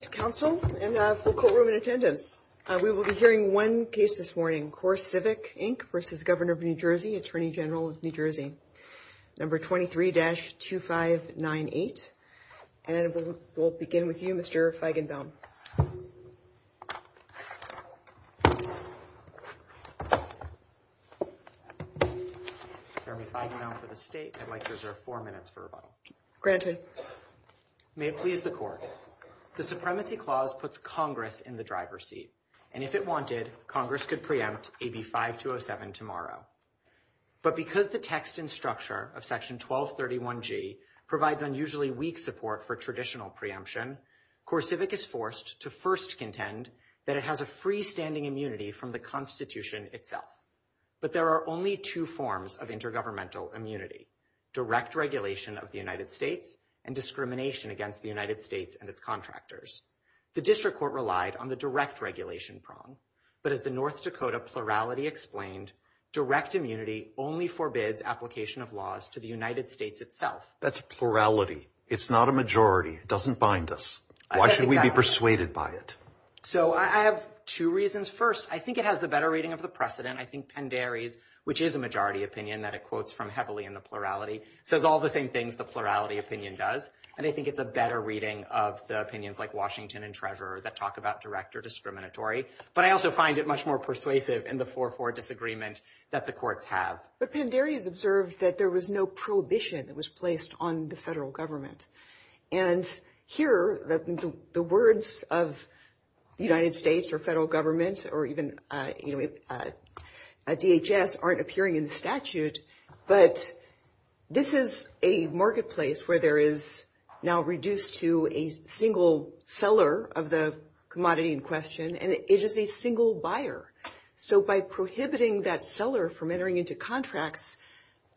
No. 23-2598. And we'll begin with you, Mr. Feigenbaum. Chairman Feigenbaum, for the State, I'd like to reserve four minutes for rebuttal. Granted. May it please the Court. The Supremacy Clause puts Congress in the driver's seat, and if it wanted, Congress could preempt AB 5207 tomorrow. But because the text and structure of Section 1231G provides unusually weak support for traditional preemption, CoreCivic is forced to first contend that it has a freestanding immunity from the Constitution itself. But there are only two forms of intergovernmental immunity, direct regulation of the United States and discrimination against the United States and its contractors. The District Court relied on the direct regulation prong, but as the North Dakota Plurality explained, direct immunity only forbids application of laws to the United States itself. That's plurality. It's not a majority. It doesn't bind us. Why should we be persuaded by it? So I have two reasons. First, I think it has the better reading of the precedent. I think Pendere's, which is a majority opinion that it quotes from heavily in the plurality, says all the same things the plurality opinion does. And I think it's a better reading of the opinions like Washington and Treasurer that talk about direct or discriminatory. But I also find it much more persuasive in the 4-4 disagreement that the courts have. But Pendere's observed that there was no prohibition that was placed on the federal government. And here, the words of the United States or federal government or even DHS aren't appearing in statute, but this is a marketplace where there is now reduced to a single seller of the commodity in question, and it is a single buyer. So by prohibiting that seller from entering into contracts,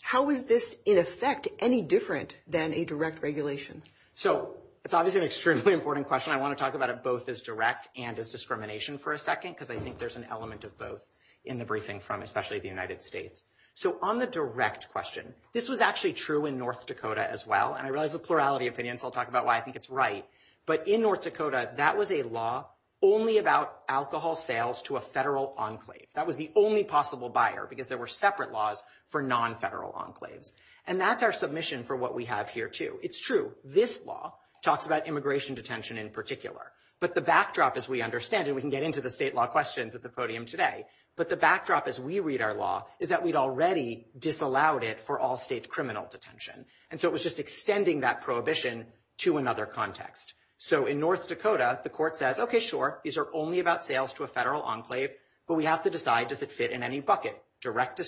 how is this in effect any different than a direct regulation? So it's obviously an extremely important question. I want to talk about it both as direct and as discrimination for a second because I think there's an element of both in the briefing from especially the United States. So on the direct question, this was actually true in North Dakota as well, and I realize the plurality opinion, so I'll talk about why I think it's right. But in North Dakota, that was a law only about alcohol sales to a federal enclave. That was the only possible buyer because there were separate laws for non-federal enclaves. And that's our submission for what we have here, too. It's true. This law talks about immigration detention in particular. But the backdrop, as we understand it, and we can get into the state law questions at the podium today, but the backdrop as we read our law is that we'd already disallowed it for all state criminal detention. And so it was just extending that prohibition to another context. So in North Dakota, the court says, okay, sure, these are only about sales to a federal enclave, but we have to decide does it fit in any bucket, direct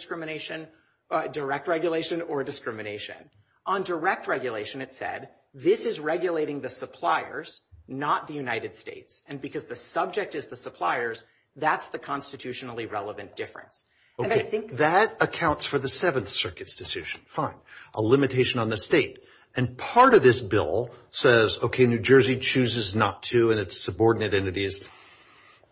regulation or discrimination. On direct regulation, it said, this is regulating the suppliers, not the United States. And because the subject is the suppliers, that's the constitutionally relevant difference. That accounts for the Seventh Circuit's decision. Fine. A limitation on the state. And part of this bill says, okay, New Jersey chooses not to and its subordinate entities.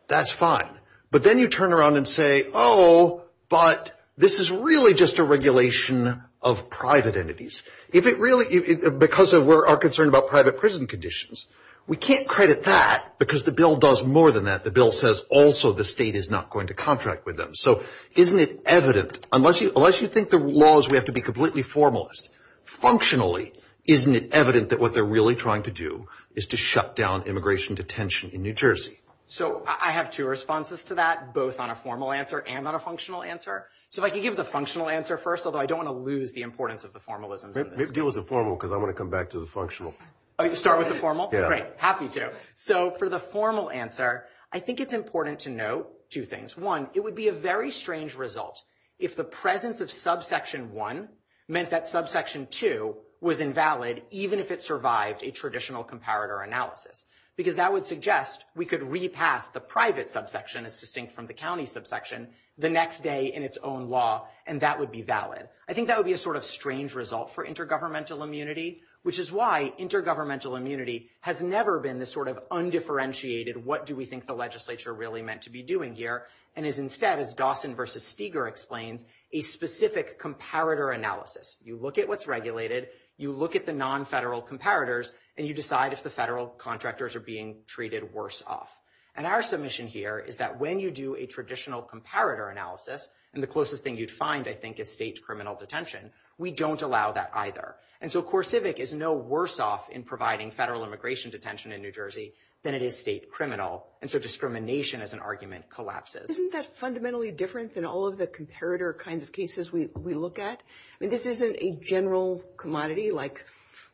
That's fine. But then you turn around and say, oh, but this is really just a regulation of private entities. If it really, because of our concern about private prison conditions, we can't credit that, because the bill does more than that. The bill says also the state is not going to contract with them. So isn't it evident, unless you think the law is we have to be completely formalist, functionally, isn't it evident that what they're really trying to do is to shut down immigration detention in New Jersey? So I have two responses to that, both on a formal answer and on a functional answer. So if I could give the functional answer first, although I don't want to lose the importance of the formalism. Give us the formal, because I want to come back to the functional. Oh, you want to start with the formal? Yeah. Great. Happy to. So for the formal answer, I think it's important to note two things. One, it would be a very strange result if the presence of subsection one meant that subsection two was invalid, even if it survived a traditional comparator analysis, because that would suggest we could repass the private subsection, as distinct from the county subsection, the next day in its own law, and that would be valid. I think that would be a sort of strange result for intergovernmental immunity, which is why intergovernmental immunity has never been this sort of undifferentiated, what do we think the legislature really meant to be doing here, and is instead, as Dawson versus Steger explained, a specific comparator analysis. You look at what's regulated, you look at the nonfederal comparators, and you decide if the federal contractors are being treated worse off. And our submission here is that when you do a traditional comparator analysis, and the closest thing you'd find, I think, is state criminal detention, we don't allow that either. And so CoreCivic is no worse off in providing federal immigration detention in New Jersey than it is state criminal, and so discrimination as an argument collapses. Isn't that fundamentally different than all of the comparator kinds of cases we look at? I mean, this isn't a general commodity like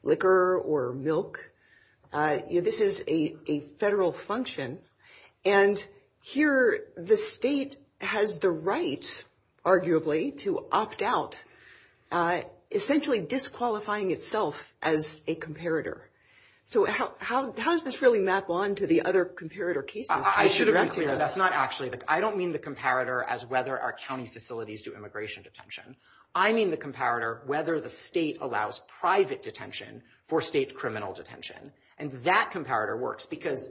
liquor or milk. This is a federal function. And here the state has the right, arguably, to opt out, essentially disqualifying itself as a comparator. So how does this really map on to the other comparator cases? I don't mean the comparator as whether our county facilities do immigration detention. I mean the comparator whether the state allows private detention for state criminal detention. And that comparator works because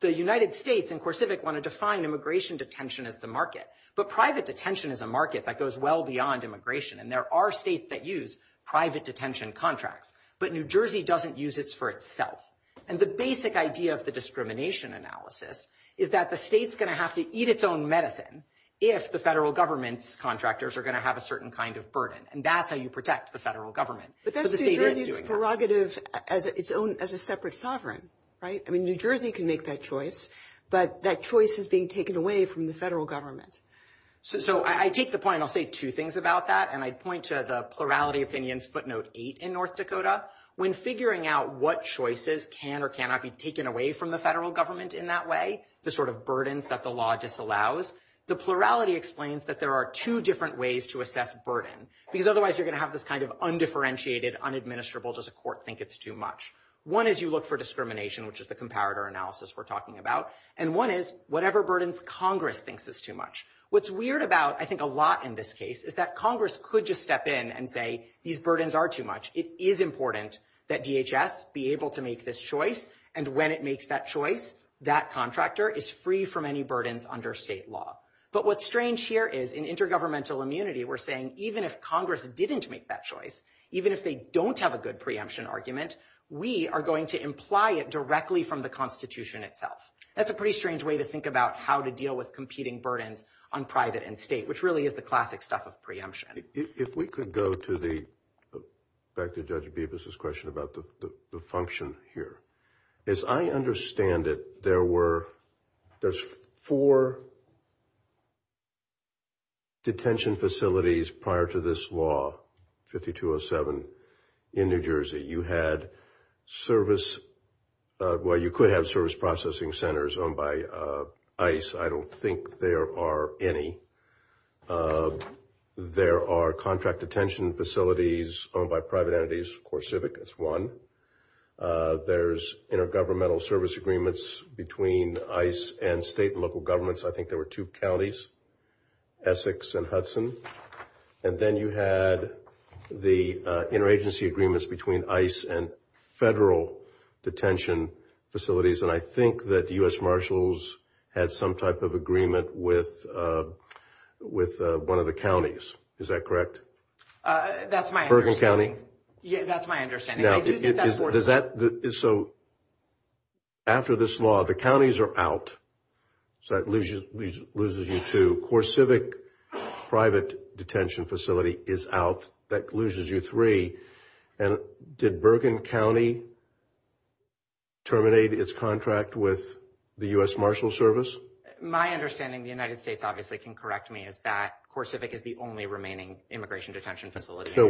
the United States and CoreCivic want to define immigration detention as the market. But private detention is a market that goes well beyond immigration, and there are states that use private detention contracts. But New Jersey doesn't use it for itself. And the basic idea of the discrimination analysis is that the state's going to have to eat its own medicine if the federal government's contractors are going to have a certain kind of burden, and that's how you protect the federal government. But that's New Jersey's prerogative as a separate sovereign, right? I mean, New Jersey can make that choice, but that choice is being taken away from the federal government. So I take the point, and I'll say two things about that, and I point to the plurality of opinions footnote 8 in North Dakota. When figuring out what choices can or cannot be taken away from the federal government in that way, the sort of burdens that the law disallows, the plurality explains that there are two different ways to assess burden, because otherwise you're going to have this kind of undifferentiated, unadministerable, does the court think it's too much. One is you look for discrimination, which is the comparator analysis we're talking about, and one is whatever burdens Congress thinks is too much. What's weird about I think a lot in this case is that Congress could just step in and say these burdens are too much. It is important that DHS be able to make this choice, and when it makes that choice, that contractor is free from any burdens under state law. But what's strange here is in intergovernmental immunity we're saying even if Congress didn't make that choice, even if they don't have a good preemption argument, we are going to imply it directly from the Constitution itself. That's a pretty strange way to think about how to deal with competing burdens on private and state, which really is the classic stuff of preemption. If we could go back to Judge Bevis' question about the function here. As I understand it, there's four detention facilities prior to this law, 5207, in New Jersey. You had service – well, you could have service processing centers owned by ICE. I don't think there are any. There are contract detention facilities owned by private entities. Of course, Civic is one. There's intergovernmental service agreements between ICE and state and local governments. I think there were two counties, Essex and Hudson. And then you had the interagency agreements between ICE and federal detention facilities. And I think that U.S. Marshals had some type of agreement with one of the counties. Is that correct? That's my understanding. Bergen County? That's my understanding. So after this law, the counties are out. So it loses you two. CoreCivic private detention facility is out. That loses you three. And did Bergen County terminate its contract with the U.S. Marshals Service? My understanding, the United States obviously can correct me, is that CoreCivic is the only remaining immigration detention facility. So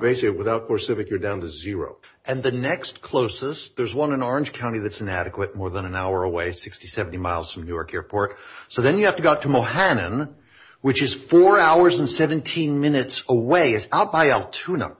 basically, without CoreCivic, you're down to zero. And the next closest, there's one in Orange County that's inadequate, more than an hour away, 60, 70 miles from New York Airport. So then you have to go out to Mohannan, which is four hours and 17 minutes away. It's out by Altoona.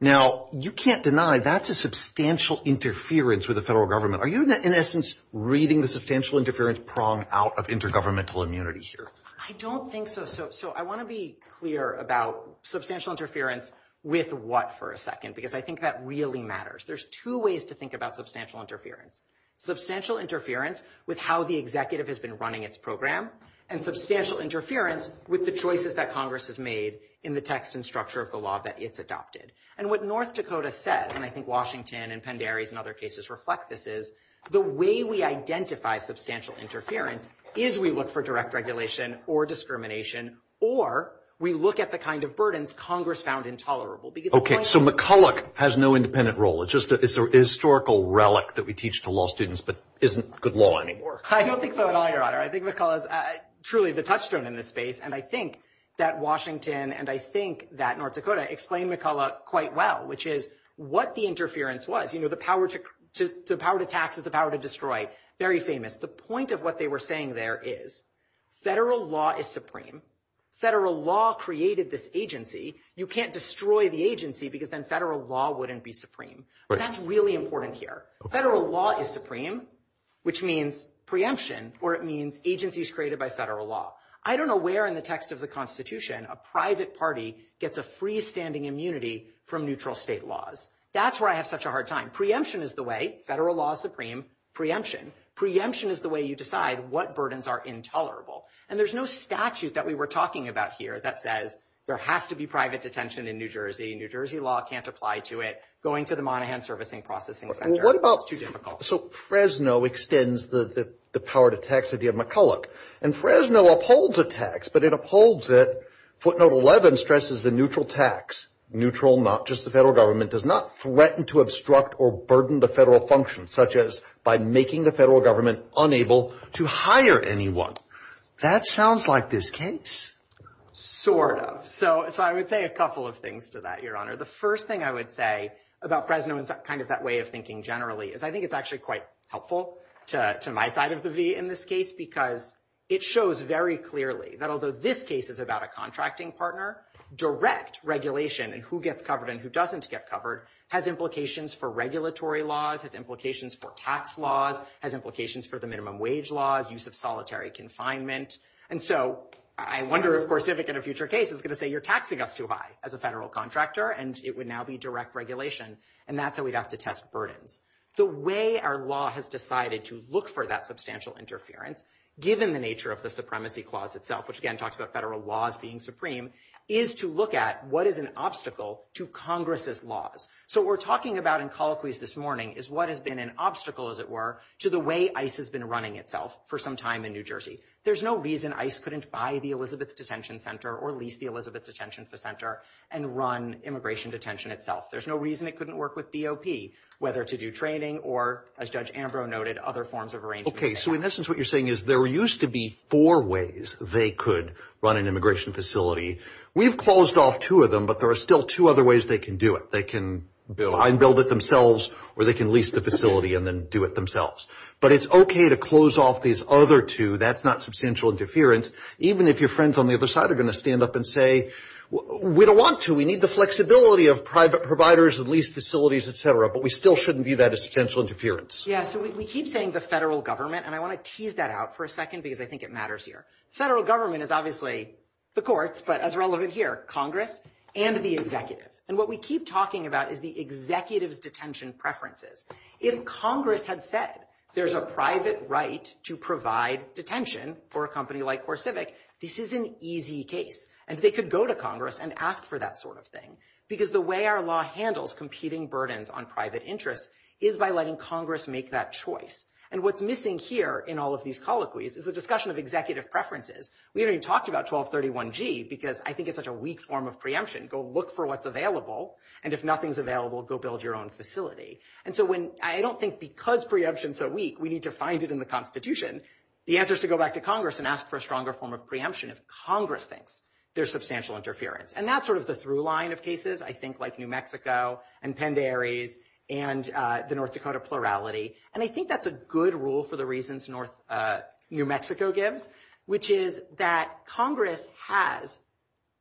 Now, you can't deny that's a substantial interference with the federal government. Are you, in essence, reading the substantial interference prong out of intergovernmental immunity here? I don't think so. So I want to be clear about substantial interference with what for a second, because I think that really matters. There's two ways to think about substantial interference. Substantial interference with how the executive has been running its program, and substantial interference with the choices that Congress has made in the text and structure of the law that it's adopted. And what North Dakota says, and I think Washington and Penn Dairy's and other cases reflect this, is the way we identify substantial interference is we look for direct regulation or discrimination, or we look at the kind of burdens Congress found intolerable. Okay, so McCulloch has no independent role. It's just a historical relic that we teach to law students that isn't good law anymore. I don't think so at all, Your Honor. I think McCulloch is truly the touchstone in this space, and I think that Washington and I think that North Dakota explain McCulloch quite well, which is what the interference was. You know, the power to tax is the power to destroy, very famous. The point of what they were saying there is federal law is supreme. Federal law created this agency. You can't destroy the agency because then federal law wouldn't be supreme. But that's really important here. Federal law is supreme, which means preemption, or it means agencies created by federal law. I don't know where in the text of the Constitution a private party gets a freestanding immunity from neutral state laws. That's where I have such a hard time. Preemption is the way. Federal law is supreme. Preemption. Preemption is the way you decide what burdens are intolerable. And there's no statute that we were talking about here that says there has to be private detention in New Jersey. New Jersey law can't apply to it. Going to the Monaghan Servicing Processing Center is too difficult. So Fresno extends the power to tax of the McCulloch, and Fresno upholds a tax, but it upholds it. Footnote 11 stresses the neutral tax. Neutral, not just the federal government, does not threaten to obstruct or burden the federal function, such as by making the federal government unable to hire anyone. That sounds like this case. Sort of. So I would say a couple of things to that, Your Honor. The first thing I would say about Fresno and kind of that way of thinking generally is I think it's actually quite helpful to my side of the V in this case because it shows very clearly that although this case is about a contracting partner, direct regulation in who gets covered and who doesn't get covered has implications for regulatory laws, has implications for tax laws, has implications for the minimum wage laws, use of solitary confinement. And so I wonder, of course, if in a future case it's going to say you're taxing us too high as a federal contractor, and it would now be direct regulation. And that's how we'd have to test burden. The way our law has decided to look for that substantial interference, given the nature of the Supremacy Clause itself, which again talks about federal laws being supreme, is to look at what is an obstacle to Congress's laws. So what we're talking about in colloquies this morning is what has been an obstacle, as it were, to the way ICE has been running itself for some time in New Jersey. There's no reason ICE couldn't buy the Elizabeth Detention Center or lease the Elizabeth Detention Center and run immigration detention itself. There's no reason it couldn't work with DOP, whether to do training or, as Judge Ambrose noted, other forms of arraignment. Okay, so in essence what you're saying is there used to be four ways they could run an immigration facility. We've closed off two of them, but there are still two other ways they can do it. They can build it themselves, or they can lease the facility and then do it themselves. But it's okay to close off these other two. That's not substantial interference, even if your friends on the other side are going to stand up and say, we don't want to. We need the flexibility of private providers and leased facilities, et cetera. But we still shouldn't view that as substantial interference. Yeah, so we keep saying the federal government, and I want to tease that out for a second because I think it matters here. Federal government is obviously the courts, but as relevant here, Congress and the executive. And what we keep talking about is the executive's detention preferences. If Congress had said there's a private right to provide detention for a company like CoreCivic, this is an easy case. And they could go to Congress and ask for that sort of thing. Because the way our law handles competing burdens on private interests is by letting Congress make that choice. And what's missing here in all of these colloquies is the discussion of executive preferences. We already talked about 1231G because I think it's such a weak form of preemption. Go look for what's available, and if nothing's available, go build your own facility. And so I don't think because preemptions are weak, we need to find it in the Constitution. The answer is to go back to Congress and ask for a stronger form of preemption if Congress thinks there's substantial interference. And that's sort of the through line of cases, I think, like New Mexico and Penderes and the North Dakota plurality. And I think that's a good rule for the reasons New Mexico gives, which is that Congress has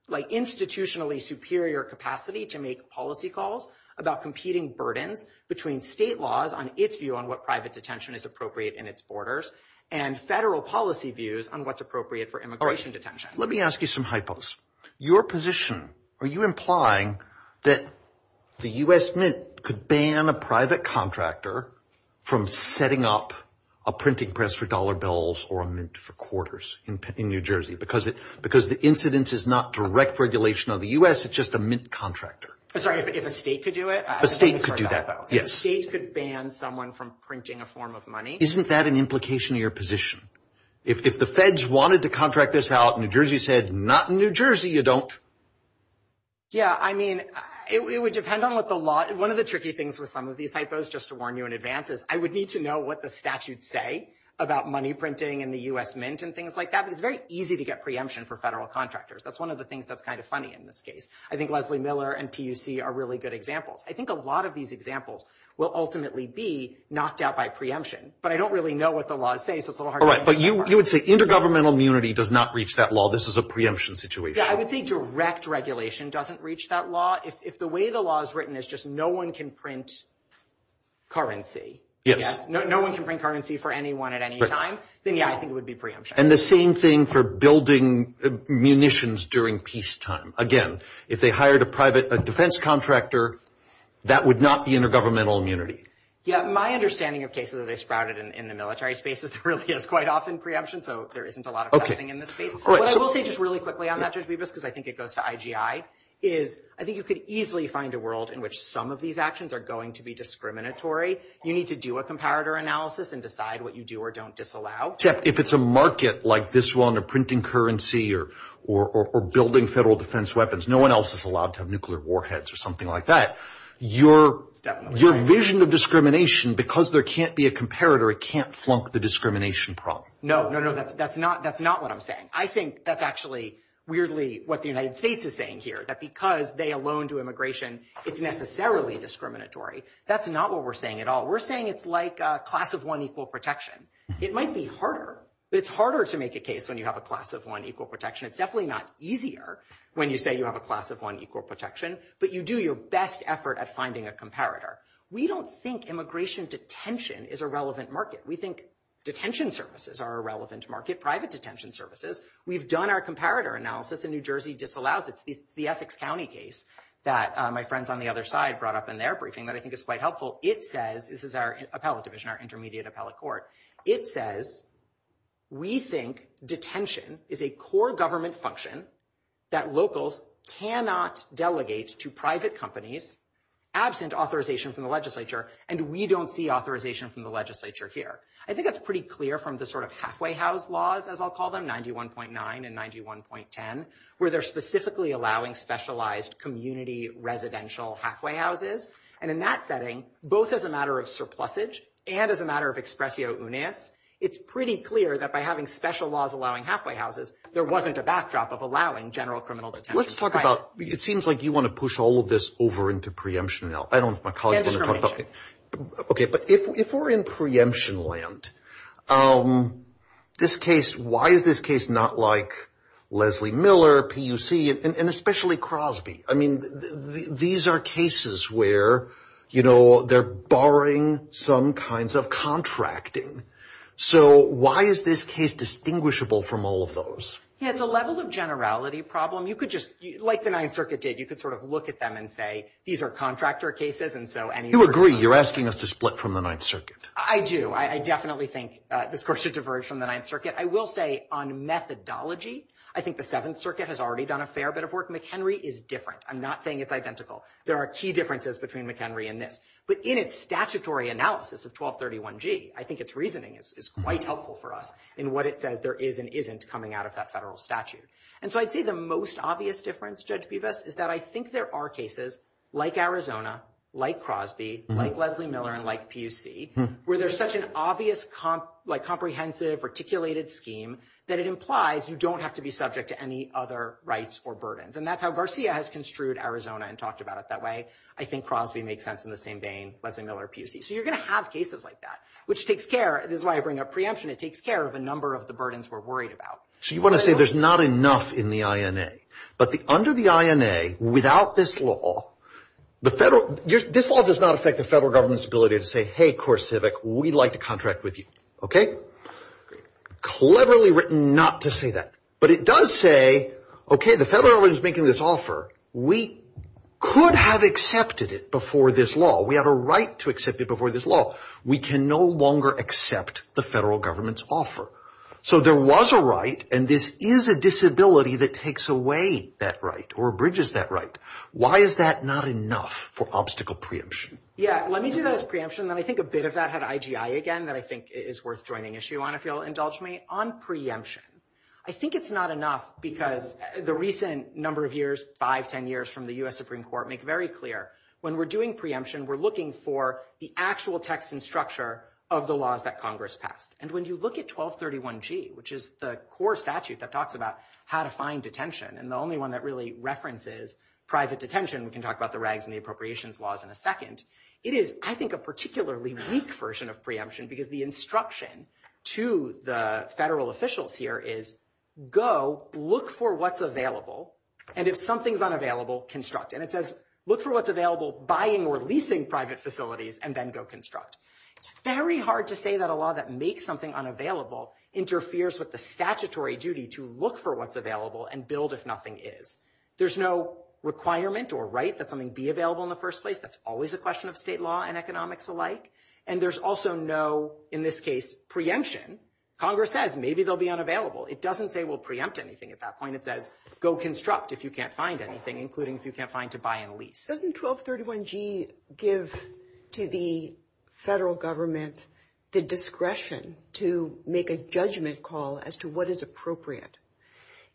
institutionally superior capacity to make policy calls about competing burdens between state laws on its view on what private detention is appropriate in its borders and federal policy views on what's appropriate for immigration detention. Let me ask you some hypos. Your position, are you implying that the U.S. Mint could ban a private contractor from setting up a printing press for dollar bills or a mint for quarters in New Jersey because the incidence is not direct regulation of the U.S., it's just a mint contractor? Sorry, if a state could do it? A state could do that, yes. A state could ban someone from printing a form of money? Isn't that an implication of your position? If the feds wanted to contract this out and New Jersey said not in New Jersey, you don't? Yeah, I mean, it would depend on what the law – one of the tricky things with some of these hypos, just to warn you in advance, is I would need to know what the statutes say about money printing and the U.S. Mint and things like that. It's very easy to get preemption for federal contractors. That's one of the things that's kind of funny in this case. I think Leslie Miller and PUC are really good examples. I think a lot of these examples will ultimately be knocked out by preemption. But I don't really know what the law says. But you would say intergovernmental immunity does not reach that law. This is a preemption situation. Yeah, I would say direct regulation doesn't reach that law. If the way the law is written is just no one can print currency, no one can print currency for anyone at any time, then yeah, I think it would be preemption. And the same thing for building munitions during peacetime. Again, if they hired a defense contractor, that would not be intergovernmental immunity. Yeah, my understanding of cases that have sprouted in the military space is really it's quite often preemption, so there isn't a lot of cutting in this case. But I will say just really quickly on that, Judge Bibas, because I think it goes to IGI, is I think you could easily find a world in which some of these actions are going to be discriminatory. You need to do a comparator analysis and decide what you do or don't disallow. Jeff, if it's a market like this one of printing currency or building federal defense weapons, no one else is allowed to have nuclear warheads or something like that. Your vision of discrimination, because there can't be a comparator, it can't flunk the discrimination problem. No, no, no, that's not what I'm saying. I think that's actually weirdly what the United States is saying here, that because they alone do immigration, it's necessarily discriminatory. That's not what we're saying at all. We're saying it's like a class of one equal protection. It might be harder. It's harder to make a case when you have a class of one equal protection. It's definitely not easier when you say you have a class of one equal protection, but you do your best effort at finding a comparator. We don't think immigration detention is a relevant market. We think detention services are a relevant market, private detention services. We've done our comparator analysis, and New Jersey disallows it. It's the Essex County case that my friends on the other side brought up in their briefing that I think is quite helpful. It says, this is our appellate division, our intermediate appellate court. It says, we think detention is a core government function that locals cannot delegate to private companies absent authorization from the legislature, and we don't see authorization from the legislature here. I think that's pretty clear from the sort of halfway house laws, as I'll call them, 91.9 and 91.10, where they're specifically allowing specialized community residential halfway houses. And in that setting, both as a matter of surplusage and as a matter of expressio unias, it's pretty clear that by having special laws allowing halfway houses, there wasn't a backdrop of allowing general criminal detention. Let's talk about, it seems like you want to push all of this over into preemption now. I don't know if my colleagues want to talk about it. Okay, but if we're in preemption land, this case, why is this case not like Leslie Miller, PUC, and especially Crosby? I mean, these are cases where, you know, they're barring some kinds of contracting. So why is this case distinguishable from all of those? Yeah, it's a level of generality problem. You could just, like the Ninth Circuit did, you could sort of look at them and say, these are contractor cases, and so any- You agree. You're asking us to split from the Ninth Circuit. I do. I definitely think the courts should diverge from the Ninth Circuit. I will say, on methodology, I think the Seventh Circuit has already done a fair bit of work. McHenry is different. I'm not saying it's identical. There are key differences between McHenry and this, but in its statutory analysis of 1231G, I think its reasoning is quite helpful for us in what it says there is and isn't coming out of that federal statute. And so I'd say the most obvious difference, Judge Buvas, is that I think there are cases like Arizona, like Crosby, like Leslie Miller, and like PUC, where there's such an obvious, like comprehensive, articulated scheme that it implies you don't have to be subject to any other rights or burdens. And that's how Garcia has construed Arizona and talked about it that way. I think Crosby makes sense in the same vein. Leslie Miller, PUC. So you're going to have cases like that, which takes care- This is why I bring up preemption. It takes care of a number of the burdens we're worried about. So you want to say there's not enough in the INA, but under the INA, without this law, this law does not affect the federal government's ability to say, hey, CoreCivic, we'd like to contract with you, okay? Cleverly written not to say that. But it does say, okay, the federal government is making this offer. We could have accepted it before this law. We have a right to accept it before this law. We can no longer accept the federal government's offer. So there was a right, and this is a disability that takes away that right or abridges that right. Why is that not enough for obstacle preemption? Yeah, let me do that as preemption, and I think a bit of that had IGI again, that I think is worth throwing an issue on, if you'll indulge me. On preemption, I think it's not enough because the recent number of years, five, ten years from the U.S. Supreme Court make very clear when we're doing preemption, we're looking for the actual text and structure of the laws that Congress passed. And when you look at 1231G, which is the core statute that talks about how to find detention, and the only one that really references private detention, we can talk about the rags and the appropriations laws in a second, it is, I think, a particularly weak version of preemption because the instruction to the federal officials here is go, look for what's available, and if something's unavailable, construct. And it says look for what's available, buying or leasing private facilities, and then go construct. It's very hard to say that a law that makes something unavailable interferes with the statutory duty to look for what's available and build if nothing is. There's no requirement or right that something be available in the first place. That's always a question of state law and economics alike. And there's also no, in this case, preemption. Congress says maybe they'll be unavailable. It doesn't say we'll preempt anything at that point. It says go construct if you can't find anything, including if you can't find to buy and lease. Doesn't 1231G give to the federal government the discretion to make a judgment call as to what is appropriate?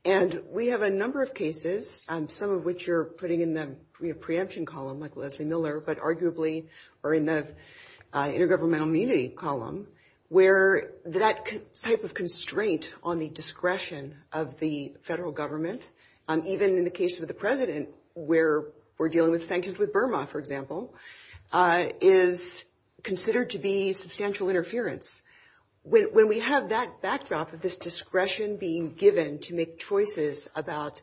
And we have a number of cases, some of which you're putting in the preemption column, like Leslie Miller, but arguably are in the intergovernmental immunity column, where that type of constraint on the discretion of the federal government, even in the case of the president where we're dealing with sanctions with Burma, for example, is considered to be substantial interference. When we have that backdrop of this discretion being given to make choices about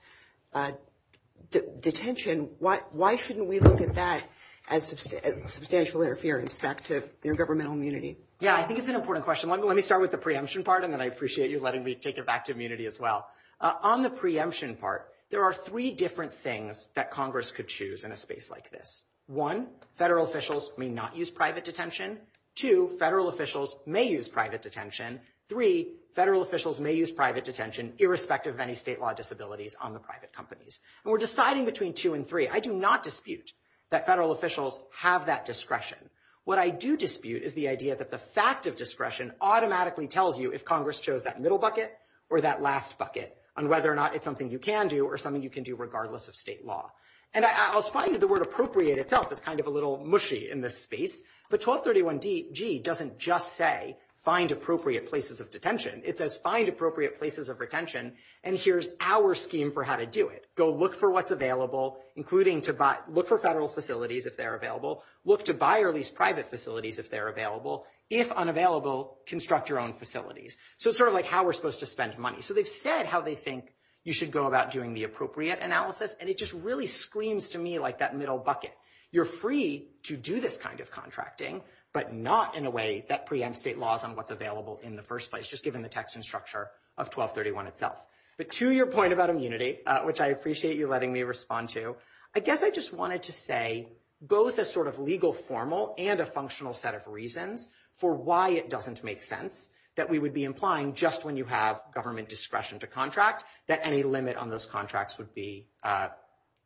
detention, why shouldn't we look at that as substantial interference back to intergovernmental immunity? Yeah, I think it's an important question. Let me start with the preemption part, and then I appreciate you letting me take it back to immunity as well. On the preemption part, there are three different things that Congress could choose in a space like this. One, federal officials may not use private detention. Two, federal officials may use private detention. Three, federal officials may use private detention, irrespective of any state law disabilities on the private companies. And we're deciding between two and three. I do not dispute that federal officials have that discretion. What I do dispute is the idea that the fact of discretion automatically tells you if Congress chose that middle bucket or that last bucket on whether or not it's something you can do or something you can do regardless of state law. And I'll find that the word appropriate itself is kind of a little mushy in this space, but 1231G doesn't just say find appropriate places of detention. It says find appropriate places of retention, and here's our scheme for how to do it. Go look for what's available, including to look for federal facilities if they're available. Look to buy or lease private facilities if they're available. If unavailable, construct your own facilities. So it's sort of like how we're supposed to spend money. So they've said how they think you should go about doing the appropriate analysis, and it just really screams to me like that middle bucket. You're free to do this kind of contracting, but not in a way that preempts state laws on what's available in the first place, just given the text and structure of 1231 itself. But to your point about immunity, which I appreciate you letting me respond to, I guess I just wanted to say both a sort of legal formal and a functional set of reasons for why it doesn't make sense that we would be implying just when you have government discretion to contract that any limit on those contracts would be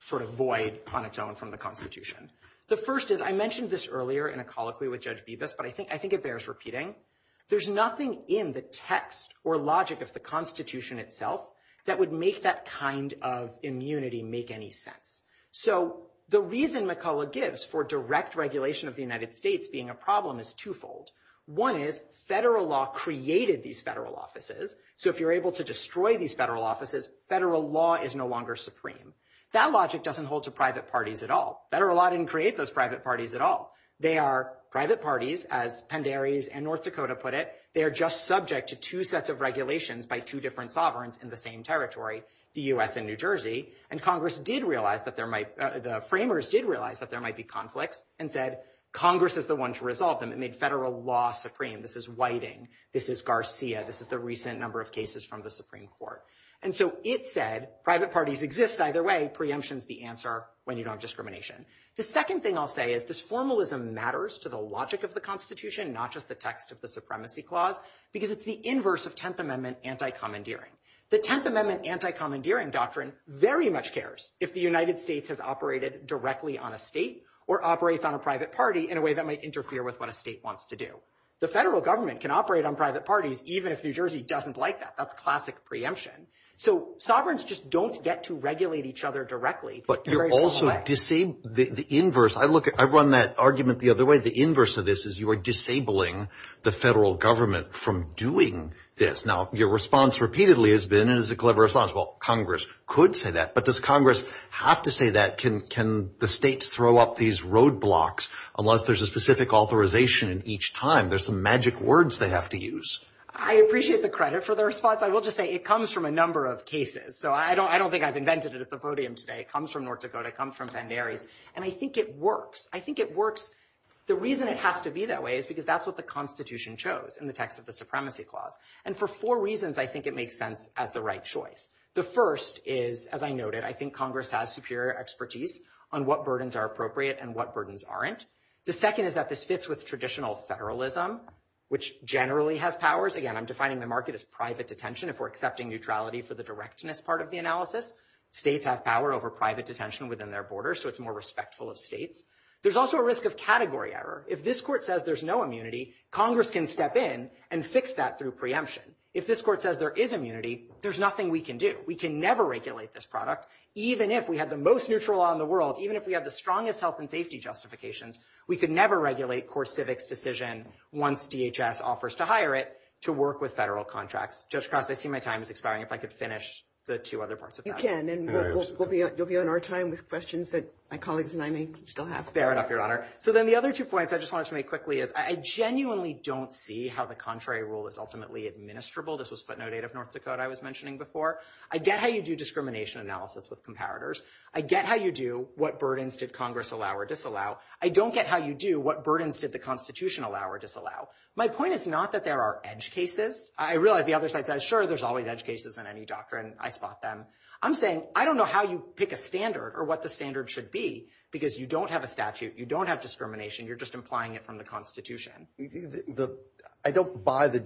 sort of void on its own from the Constitution. The first is I mentioned this earlier in a colloquy with Judge Bevis, but I think it bears repeating. There's nothing in the text or logic of the Constitution itself that would make that kind of immunity make any sense. So the reason McCulloch gives for direct regulation of the United States being a problem is twofold. One is federal law created these federal offices, so if you're able to destroy these federal offices, federal law is no longer supreme. That logic doesn't hold to private parties at all. Federal law didn't create those private parties at all. They are private parties, as Penderes and North Dakota put it. They are just subject to two sets of regulations by two different sovereigns in the same territory, the U.S. and New Jersey. And Congress did realize that there might – the framers did realize that there might be conflict and said Congress is the one to resolve them. It made federal law supreme. This is Whiting. This is Garcia. This is the recent number of cases from the Supreme Court. And so it said private parties exist either way. Preemption is the answer when you don't have discrimination. The second thing I'll say is this formalism matters to the logic of the Constitution, not just the text of the Supremacy Clause, because it's the inverse of Tenth Amendment anti-commandeering. The Tenth Amendment anti-commandeering doctrine very much cares if the United States has operated directly on a state or operates on a private party in a way that might interfere with what a state wants to do. The federal government can operate on private parties even if New Jersey doesn't like that. That's classic preemption. So sovereigns just don't get to regulate each other directly. But you're also disabling the inverse. I run that argument the other way. The inverse of this is you are disabling the federal government from doing this. Now, your response repeatedly has been, and it's a clever response, well, Congress could say that. But does Congress have to say that? Can the states throw up these roadblocks unless there's a specific authorization each time? There's some magic words they have to use. I appreciate the credit for the response. I will just say it comes from a number of cases. So I don't think I've invented it at the podium today. It comes from North Dakota. It comes from Bandera. And I think it works. I think it works. The reason it has to be that way is because that's what the Constitution chose in the text of the Supremacy Clause. And for four reasons, I think it makes sense as the right choice. The first is, as I noted, I think Congress has superior expertise on what burdens are appropriate and what burdens aren't. The second is that this fits with traditional federalism, which generally has powers. Again, I'm defining my market as private detention if we're accepting neutrality for the directness part of the analysis. States have power over private detention within their borders, so it's more respectful of states. There's also a risk of category error. If this court says there's no immunity, Congress can step in and fix that through preemption. If this court says there is immunity, there's nothing we can do. We can never regulate this product. Even if we have the most neutral law in the world, even if we have the strongest health and safety justifications, we can never regulate core civics decision once DHS offers to hire it to work with federal contracts. Judge Krause, I see my time is expiring. If I could finish the two other parts of that. You can, and you'll be on our time with questions that my colleagues and I may still have. Bear it up, Your Honor. So then the other two points I just wanted to make quickly is I genuinely don't see how the contrary rule is ultimately administrable. This was footnote 8 of North Dakota I was mentioning before. I get how you do discrimination analysis with comparators. I get how you do what burdens did Congress allow or disallow. I don't get how you do what burdens did the Constitution allow or disallow. My point is not that there are edge cases. I realize the other side says, sure, there's always edge cases in any doctrine. I spot them. I'm saying I don't know how you pick a standard or what the standard should be because you don't have a statute. You don't have discrimination. You're just implying it from the Constitution. I don't buy the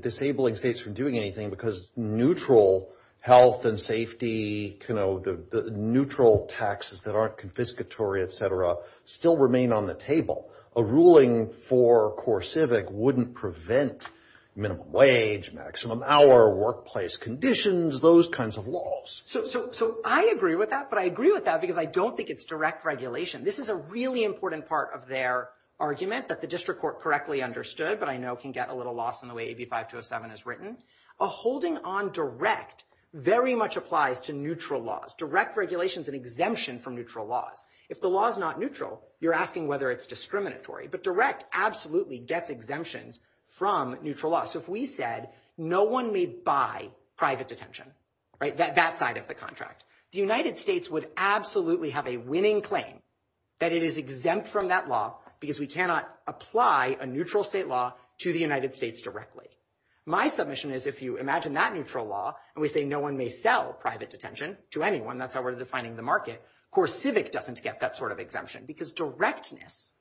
disabling states from doing anything because neutral health and safety, the neutral taxes that aren't confiscatory, et cetera, still remain on the table. A ruling for core civic wouldn't prevent minimum wage, maximum hour, workplace conditions, those kinds of laws. So I agree with that, but I agree with that because I don't think it's direct regulation. This is a really important part of their argument that the district court correctly understood, but I know can get a little lost in the way AB5207 is written. A holding on direct very much applies to neutral laws. Direct regulation is an exemption from neutral laws. If the law is not neutral, you're asking whether it's discriminatory. But direct absolutely gets exemptions from neutral laws. So if we said no one may buy private detention, right, that side of the contract, the United States would absolutely have a winning claim that it is exempt from that law because we cannot apply a neutral state law to the United States directly. My submission is if you imagine that neutral law and we say no one may sell private detention to anyone, that's how we're defining the market, core civic doesn't get that sort of exemption because directness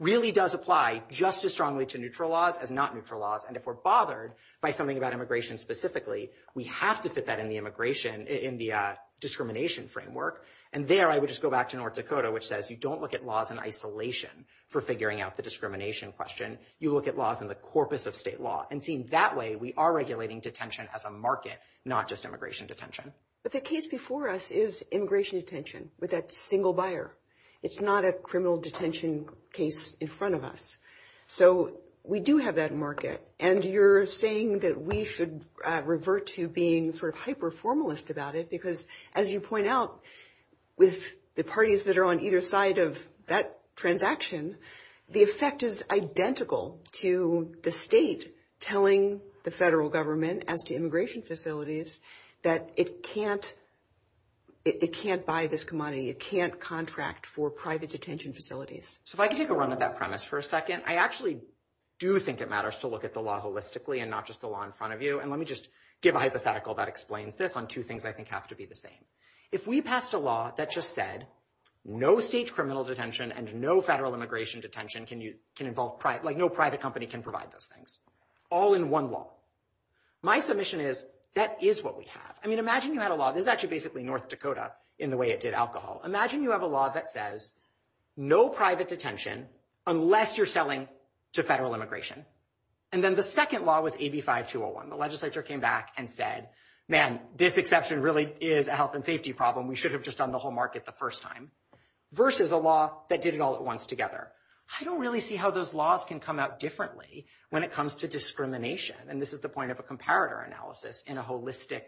really does apply just as strongly to neutral laws as not neutral laws. And if we're bothered by something about immigration specifically, we have to fit that in the immigration, in the discrimination framework. And there I would just go back to North Dakota, which says you don't look at laws in isolation for figuring out the discrimination question. You look at laws in the corpus of state law. And seeing that way, we are regulating detention as a market, not just immigration detention. But the case before us is immigration detention with that single buyer. It's not a criminal detention case in front of us. So we do have that market. And you're saying that we should revert to being sort of hyper-formalist about it because as you point out, with the parties that are on either side of that transaction, the effect is identical to the state telling the federal government as to immigration facilities that it can't buy this commodity. It can't contract for private detention facilities. So if I could take a run at that premise for a second, I actually do think it matters to look at the law holistically and not just the law in front of you. And let me just give a hypothetical that explains this on two things I think have to be the same. If we passed a law that just said no state criminal detention and no federal immigration detention can involve private, like no private company can provide those things, all in one law, my submission is that is what we have. I mean, imagine you had a law. This is actually basically North Dakota in the way it did alcohol. Imagine you have a law that says no private detention unless you're selling to federal immigration. And then the second law was AB5201. The legislature came back and said, man, this exception really is a health and safety problem. We should have just done the whole market the first time versus a law that did it all at once together. I don't really see how those laws can come out differently when it comes to discrimination, and this is the point of a comparator analysis in a holistic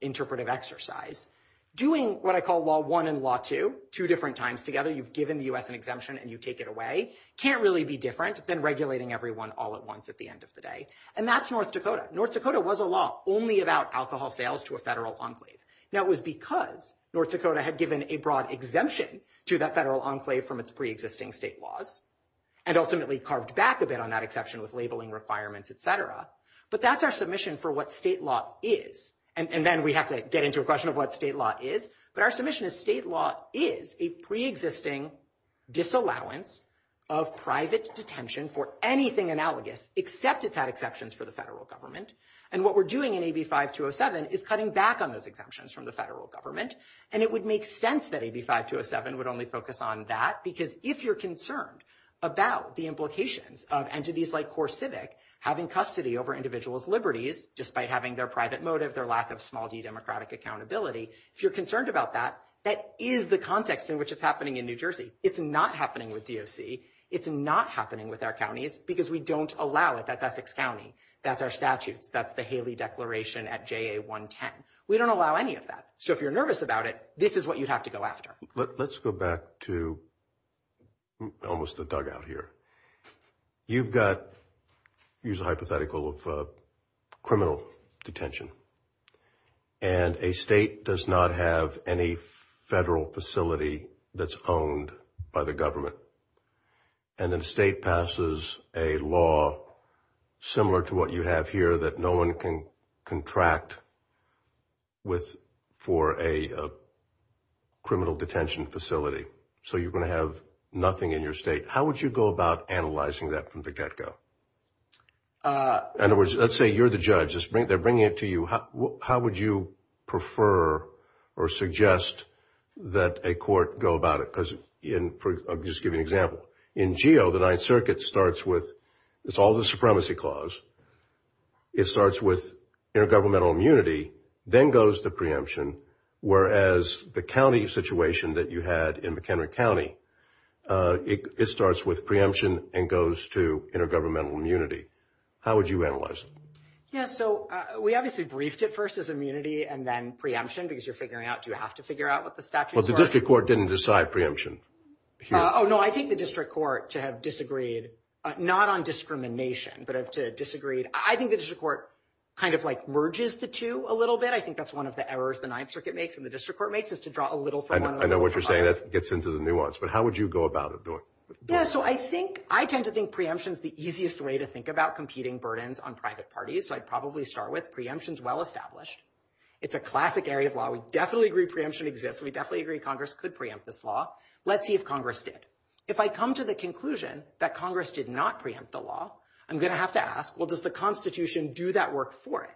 interpretive exercise. Doing what I call law one and law two, two different times together, you've given the U.S. an exemption and you take it away, can't really be different than regulating everyone all at once at the end of the day. And that's North Dakota. North Dakota was a law only about alcohol sales to a federal enclave. Now, it was because North Dakota had given a broad exemption to that federal enclave from its preexisting state laws and ultimately carved back a bit on that exception with labeling requirements, et cetera. But that's our submission for what state law is. And then we have to get into a question of what state law is. But our submission is state law is a preexisting disallowance of private detention for anything analogous except it's had exceptions for the federal government. And what we're doing in AB 5207 is cutting back on those exemptions from the federal government, and it would make sense that AB 5207 would only focus on that because if you're concerned about the implications of entities like CoreCivic having custody over individuals' liberties just by having their private motive, their lack of small d democratic accountability, if you're concerned about that, that is the context in which it's happening in New Jersey. It's not happening with DOC. It's not happening with our counties because we don't allow it. That's Essex County. That's our statute. That's the Haley Declaration at JA 110. We don't allow any of that. So if you're nervous about it, this is what you have to go after. Let's go back to almost the dugout here. You've got, use a hypothetical of criminal detention, and a state does not have any federal facility that's owned by the government, and then the state passes a law similar to what you have here that no one can contract for a criminal detention facility. So you're going to have nothing in your state. How would you go about analyzing that from the get-go? In other words, let's say you're the judge. They're bringing it to you. How would you prefer or suggest that a court go about it? I'll just give you an example. In GAO, the Ninth Circuit starts with, it's all the supremacy clause. It starts with intergovernmental immunity, then goes to preemption, whereas the county situation that you had in McKenna County, it starts with preemption and goes to intergovernmental immunity. How would you analyze it? Yeah, so we obviously briefed it first as immunity and then preemption, because you're figuring out, do you have to figure out what the statute is? Well, the district court didn't decide preemption. Oh, no, I think the district court, to have disagreed, not on discrimination, but to disagree, I think the district court kind of merges the two a little bit. I think that's one of the errors the Ninth Circuit makes and the district court makes, is to draw a little from one another. I know what you're saying. That gets into the nuance. But how would you go about it? Yeah, so I tend to think preemption is the easiest way to think about competing burdens on private parties. So I'd probably start with preemption's well established. It's a classic area of law. We definitely agree preemption exists. We definitely agree Congress could preempt this law. Let's see if Congress did. If I come to the conclusion that Congress did not preempt the law, I'm going to have to ask, well, does the Constitution do that work for it?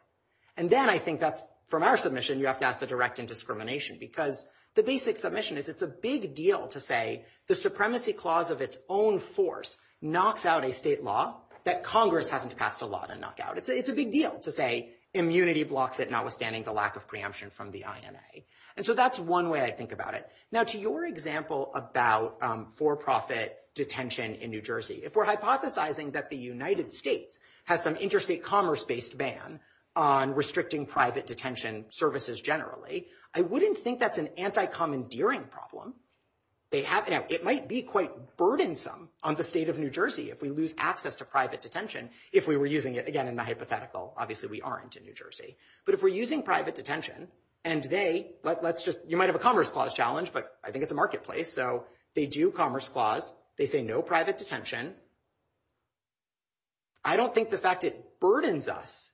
And then I think that's, from our submission, you have to ask the direct in discrimination, because the basic submission is it's a big deal to say the supremacy clause of its own force knocks out a state law that Congress hasn't passed a law to knock out. It's a big deal to say immunity blocks it, notwithstanding the lack of preemption from the INA. And so that's one way I think about it. Now, to your example about for-profit detention in New Jersey, if we're hypothesizing that the United States has some interstate commerce based ban on restricting private detention services generally, I wouldn't think that's an anti-commandeering problem. It might be quite burdensome on the state of New Jersey if we lose access to private detention if we were using it. Again, in my hypothetical, obviously we aren't in New Jersey. But if we're using private detention and they, let's just, you might have a commerce clause challenge, but I think it's a marketplace. So they do commerce clause. They say no private detention. I don't think the fact it burdens us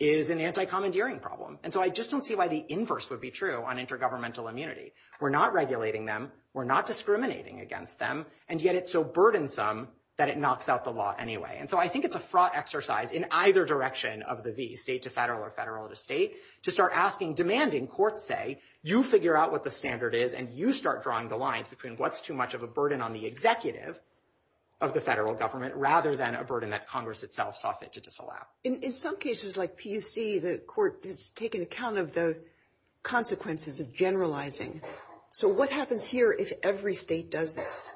is an anti-commandeering problem. And so I just don't see why the inverse would be true on intergovernmental immunity. We're not regulating them. We're not discriminating against them. And yet it's so burdensome that it knocks out the law anyway. And so I think it's a fraught exercise in either direction of the V, state to federal or federal to state, to start asking, demanding, courts say, you figure out what the standard is and you start drawing the lines between what's too much of a burden on the executive of the federal government rather than a burden that Congress itself saw fit to disallow. In some cases like PSC, the court has taken account of the consequences of generalizing. So what happens here if every state does this?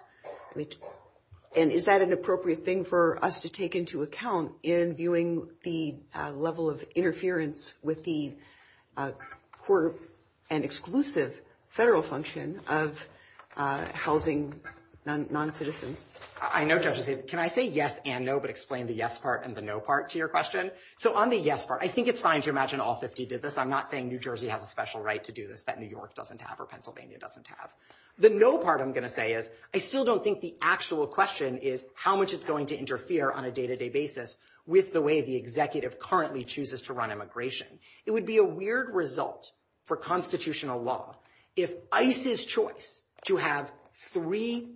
And is that an appropriate thing for us to take into account in viewing the level of interference with the court and exclusive federal function of housing non-citizens? I know, Judge Aziz. Can I say yes and no, but explain the yes part and the no part to your question? So on the yes part, I think it's fine to imagine all 50 did this. I'm not saying New Jersey has a special right to do this that New York doesn't have or Pennsylvania doesn't have. The no part I'm going to say is, I still don't think the actual question is how much it's going to interfere on a day-to-day basis with the way the executive currently chooses to run immigration. It would be a weird result for constitutional law if ICE's choice to have three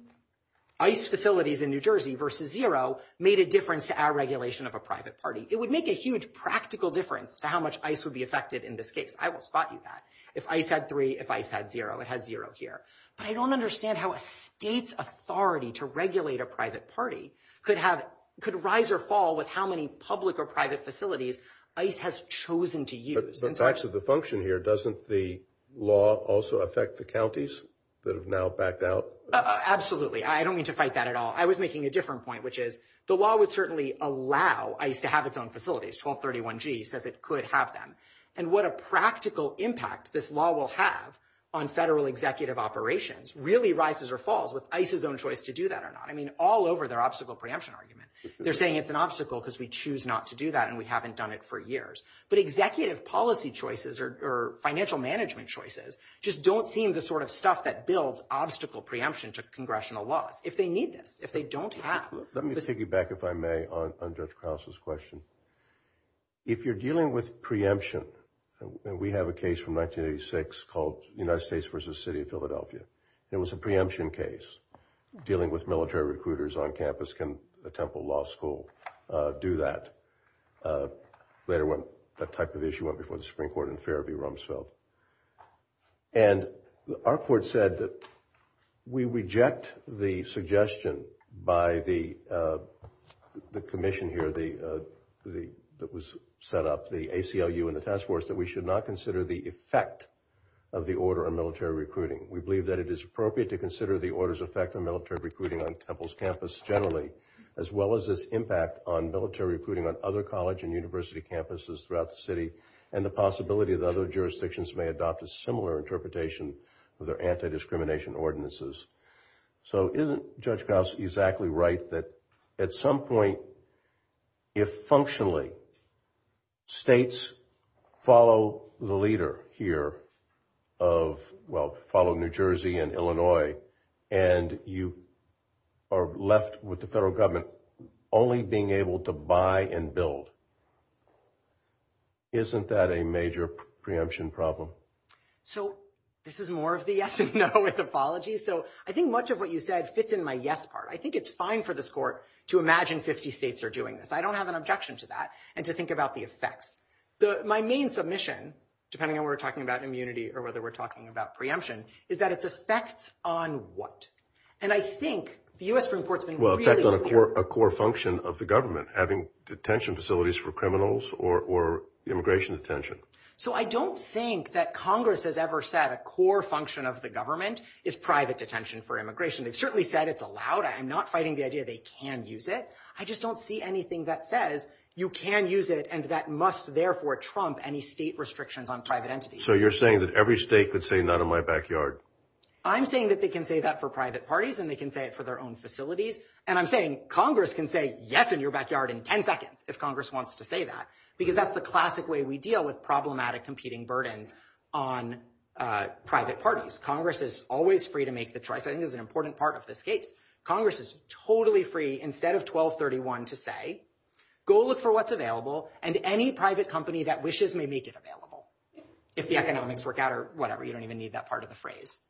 ICE facilities in New Jersey versus zero made a difference to our regulation of a private party. It would make a huge practical difference to how much ICE would be affected in this case. I will spot you that. If ICE had three, if ICE had zero, it had zero here. I don't understand how a state's authority to regulate a private party could have, could rise or fall with how many public or private facilities ICE has chosen to use. But facts of the function here, doesn't the law also affect the counties that have now backed out? Absolutely. I don't mean to fight that at all. I was making a different point, which is the law would certainly allow ICE to have its own facilities, 1231G, because it could have them and what a practical impact this law will have on federal executive operations really rises or falls with ICE's own choice to do that or not. I mean, all over their obstacle preemption argument, they're saying it's an obstacle because we choose not to do that and we haven't done it for years. But executive policy choices or financial management choices just don't seem the sort of stuff that builds obstacle preemption to congressional law. If they need this, if they don't have. Let me piggyback if I may on Judge Krause's question. If you're dealing with preemption, we have a case from 1986 called the United States versus the city of It was a preemption case dealing with military recruiters on campus. Can the Temple Law School do that? Later when that type of issue went before the Supreme Court in Fairview, Rumsfeld. And our court said that we reject the suggestion by the commission here, that was set up, the ACLU and the task force, that we should not consider the effect of the order of military recruiting. We believe that it is appropriate to consider the order's effect on military recruiting on Temple's campus generally, as well as its impact on military recruiting on other college and university campuses throughout the city and the possibility that other jurisdictions may adopt a similar interpretation with their anti-discrimination ordinances. So isn't Judge Krause exactly right that at some point, if functionally states follow the leader here of, well, follow New Jersey and Illinois, and you are left with the federal government only being able to buy and build, isn't that a major preemption problem? So this is more of the yes and no with apologies. So I think much of what you said fits in my yes part. I think it's fine for this court to imagine 50 states are doing this. I don't have an objection to that and to think about the effects. My main submission, depending on when we're talking about immunity, or whether we're talking about preemption, is that it's effects on what? And I think the U.S. Supreme Court's been- Well, it's effect on a core function of the government, having detention facilities for criminals or immigration detention. So I don't think that Congress has ever said a core function of the government is private detention for immigration. It certainly said it's allowed. I'm not fighting the idea they can use it. I just don't see anything that says you can use it and that must, therefore, trump any state restrictions on private entities. So you're saying that every state could say, not in my backyard. I'm saying that they can say that for private parties, and they can say it for their own facilities. And I'm saying Congress can say yes in your backyard in 10 seconds, if Congress wants to say that, because that's the classic way we deal with problematic competing burden on private parties. Congress is always free to make the choice. I think that's an important part of this case. Congress is totally free, instead of 1231, to say, go look for what's available, and any private company that wishes may make it available, if the economics work out or whatever. You don't even need that part of the phrase.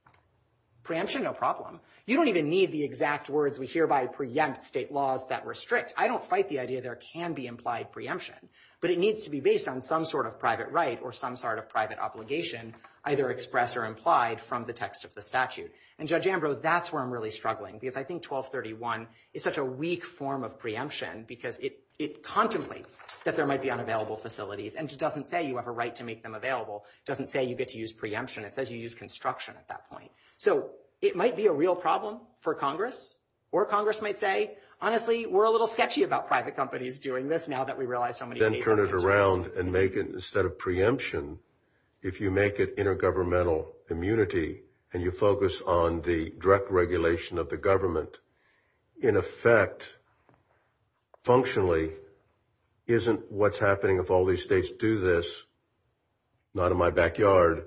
Preemption, no problem. You don't even need the exact words, which hereby preempt state laws that restrict. I don't fight the idea there can be implied preemption, but it needs to be based on some sort of private right or some sort of private obligation, either expressed or implied from the text of the statute. And Judge Ambrose, that's where I'm really struggling, because I think 1231 is such a weak form of preemption, because it contemplates that there might be unavailable facilities, and it just doesn't say you have a right to make them available. It doesn't say you get to use preemption. It says you use construction at that point. So it might be a real problem for Congress, or Congress might say, honestly, we're a little sketchy about private companies doing this, now that we realize how many people. Then turn it around and make it, instead of preemption, if you make it intergovernmental immunity and you focus on the direct regulation of the government, in effect, functionally, isn't what's happening if all these states do this, not in my backyard.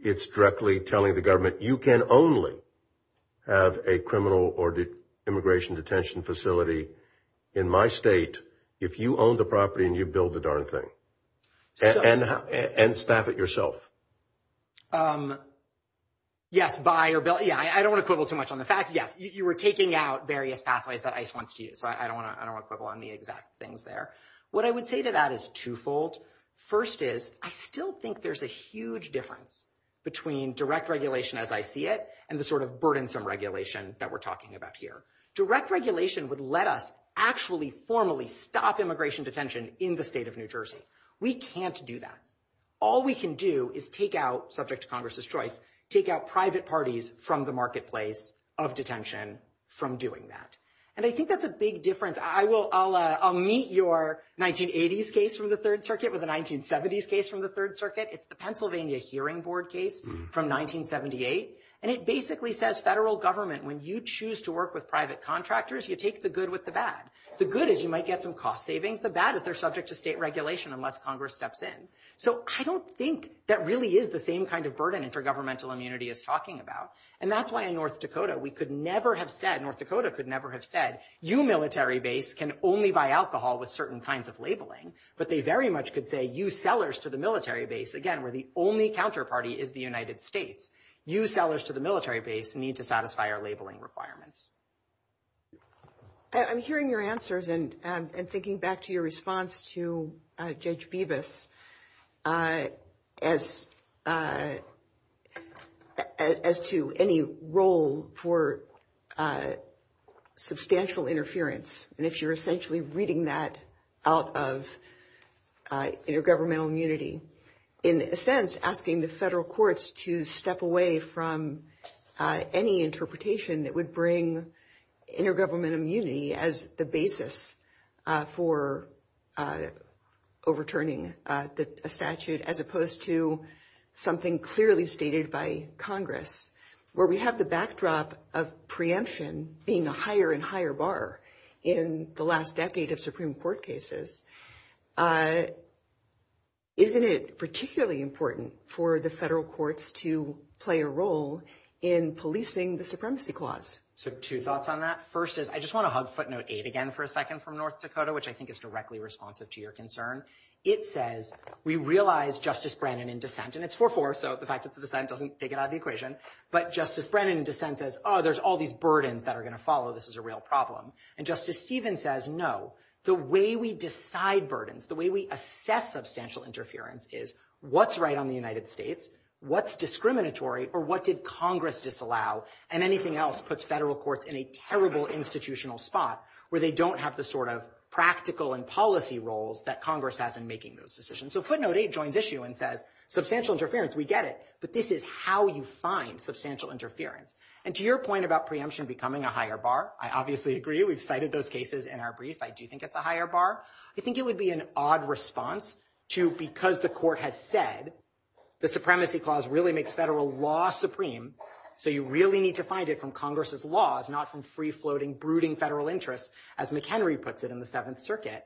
It's directly telling the government, you can only have a criminal or immigration detention facility in my state if you own the property and you build the darn thing. And staff it yourself. Yes, buy or build. Yeah, I don't want to quibble too much on the fact. Yes, you were taking out various pathways that ICE wants to use. I don't want to quibble on the exact things there. What I would say to that is twofold. First is, I still think there's a huge difference between direct regulation as I see it and the sort of burdensome regulation that we're talking about here. Direct regulation would let us actually, formally, stop immigration detention in the state of New Jersey. We can't do that. All we can do is take out, subject to Congress's choice, take out private parties from the marketplace of detention from doing that. And I think that's a big difference. I'll meet your 1980s case from the Third Circuit with a 1970s case from the Third Circuit. It's the Pennsylvania Hearing Board case from 1978. And it basically says federal government, when you choose to work with private contractors, you take the good with the bad. The good is you might get some cost savings. The bad is they're subject to state regulation unless Congress steps in. So I don't think that really is the same kind of burden intergovernmental immunity is talking about. And that's why in North Dakota, we could never have said, North Dakota could never have said, you military base can only buy alcohol with certain kinds of labeling. But they very much could say, you sellers to the military base, again, we're the only counterparty is the United States. You sellers to the military base need to satisfy our labeling requirements. I'm hearing your answers and thinking back to your response to Judge Bevis as to any role for substantial interference. And if you're essentially reading that out of intergovernmental immunity, in a sense, asking the federal courts to step away from any interpretation that would bring intergovernmental immunity as the basis for overturning a statute, as opposed to something clearly stated by Congress, where we have the backdrop of preemption being a higher and higher bar in the last decade of Supreme Court cases, isn't it particularly important for the federal courts to play a role in policing the supremacy clause? So two thoughts on that. First is, I just want to hug footnote eight again for a second from North Dakota, which I think is directly responsive to your concern. It says, we realize Justice Brennan in dissent, and it's 4-4, so the fact that the dissent doesn't take it out of the equation, but Justice Brennan in dissent says, oh, there's all these burdens that are going to follow. This is a real problem. And Justice Stevens says, no, the way we decide burdens, the way we assess substantial interference is what's right on the United States, what's discriminatory, or what did Congress disallow, and anything else puts federal courts in a terrible institutional spot where they don't have the sort of practical and policy roles that Congress has in making those decisions. So footnote eight joins issue and says, substantial interference, we get it, but this is how you find substantial interference. And to your point about preemption becoming a higher bar, I obviously agree. We've cited those cases in our brief. I do think it's a higher bar. I think it would be an odd response to, because the court had said, the supremacy clause really makes federal law supreme, so you really need to find it from Congress's laws, not from free-floating brooding federal interests, as McHenry puts it in the Seventh Circuit.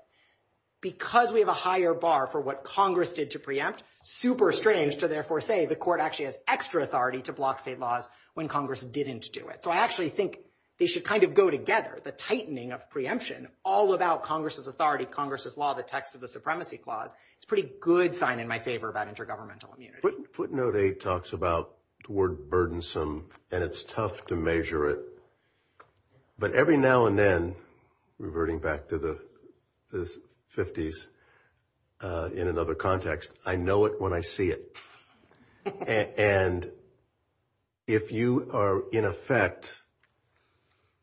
Because we have a higher bar for what Congress did to preempt, super strange to therefore say the court actually has extra authority to block state laws when Congress didn't do it. So I actually think they should kind of go together, the tightening of preemption, all without Congress's authority, Congress's law, the text of the supremacy clause. It's a pretty good sign in my favor about intergovernmental immunity. Footnote eight talks about the word burdensome, and it's tough to measure it. But every now and then, reverting back to the 50s in another context, I know it when I see it. And if you are in effect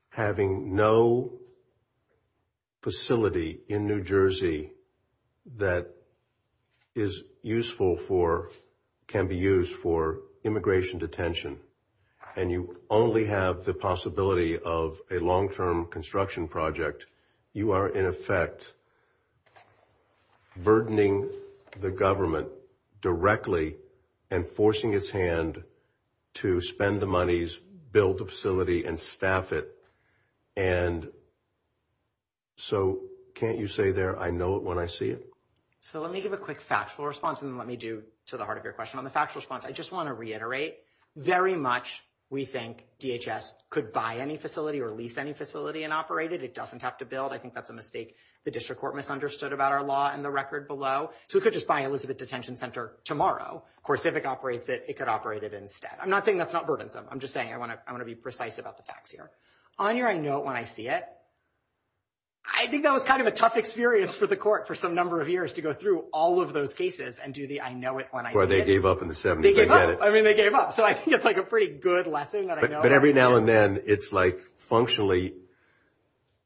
having no facility in New Jersey that is useful for, can be used for immigration detention, and you only have the possibility of a long-term construction project, you are, in effect, burdening the government directly and forcing its hand to spend the monies, build the facility, and staff it. And so can't you say there, I know it when I see it? So let me give a quick factual response, and then let me do to the heart of your question on the factual response. I just want to reiterate, very much we think DHS could buy any facility or lease any facility and operate it. It doesn't have to build. I think that's a mistake. The district court misunderstood about our law in the record below. So we could just buy Elizabeth Detention Center tomorrow. Of course, if it operates it, it could operate it instead. I'm not saying that's not burdensome. I'm just saying I want to be precise about the facts here. On your I know it when I see it, I think that was kind of a tough experience for the court for some number of years to go through all of those cases and do the I know it when I see it. Well, they gave up in the 70s. They gave up. I mean, they gave up. So I think it's like a pretty good lesson that I know it when I see it. But every now and then, it's like functionally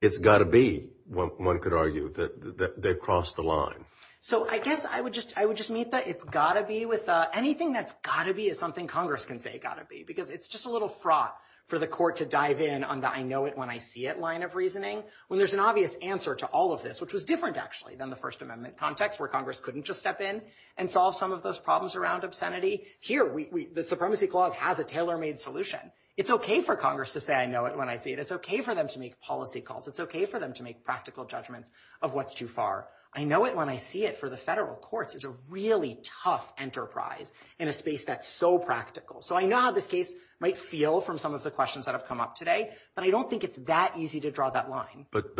it's got to be, one could argue, that they've crossed the line. So I guess I would just meet that it's got to be with anything that's got to be is something Congress can say it's got to be, because it's just a little fraught for the court to dive in on the I know it when I see it line of reasoning, when there's an obvious answer to all of this, which was different actually than the First Amendment context where Congress couldn't just step in and solve some of those problems around obscenity. Here, the Supremacy Clause has a tailor-made solution. It's okay for Congress to say I know it when I see it. It's okay for them to make policy calls. It's okay for them to make practical judgments of what's too far. I know it when I see it for the federal courts. It's a really tough enterprise in a space that's so practical. So I know how this case might feel from some of the questions that have come up today, but I don't think it's that easy to draw that line. But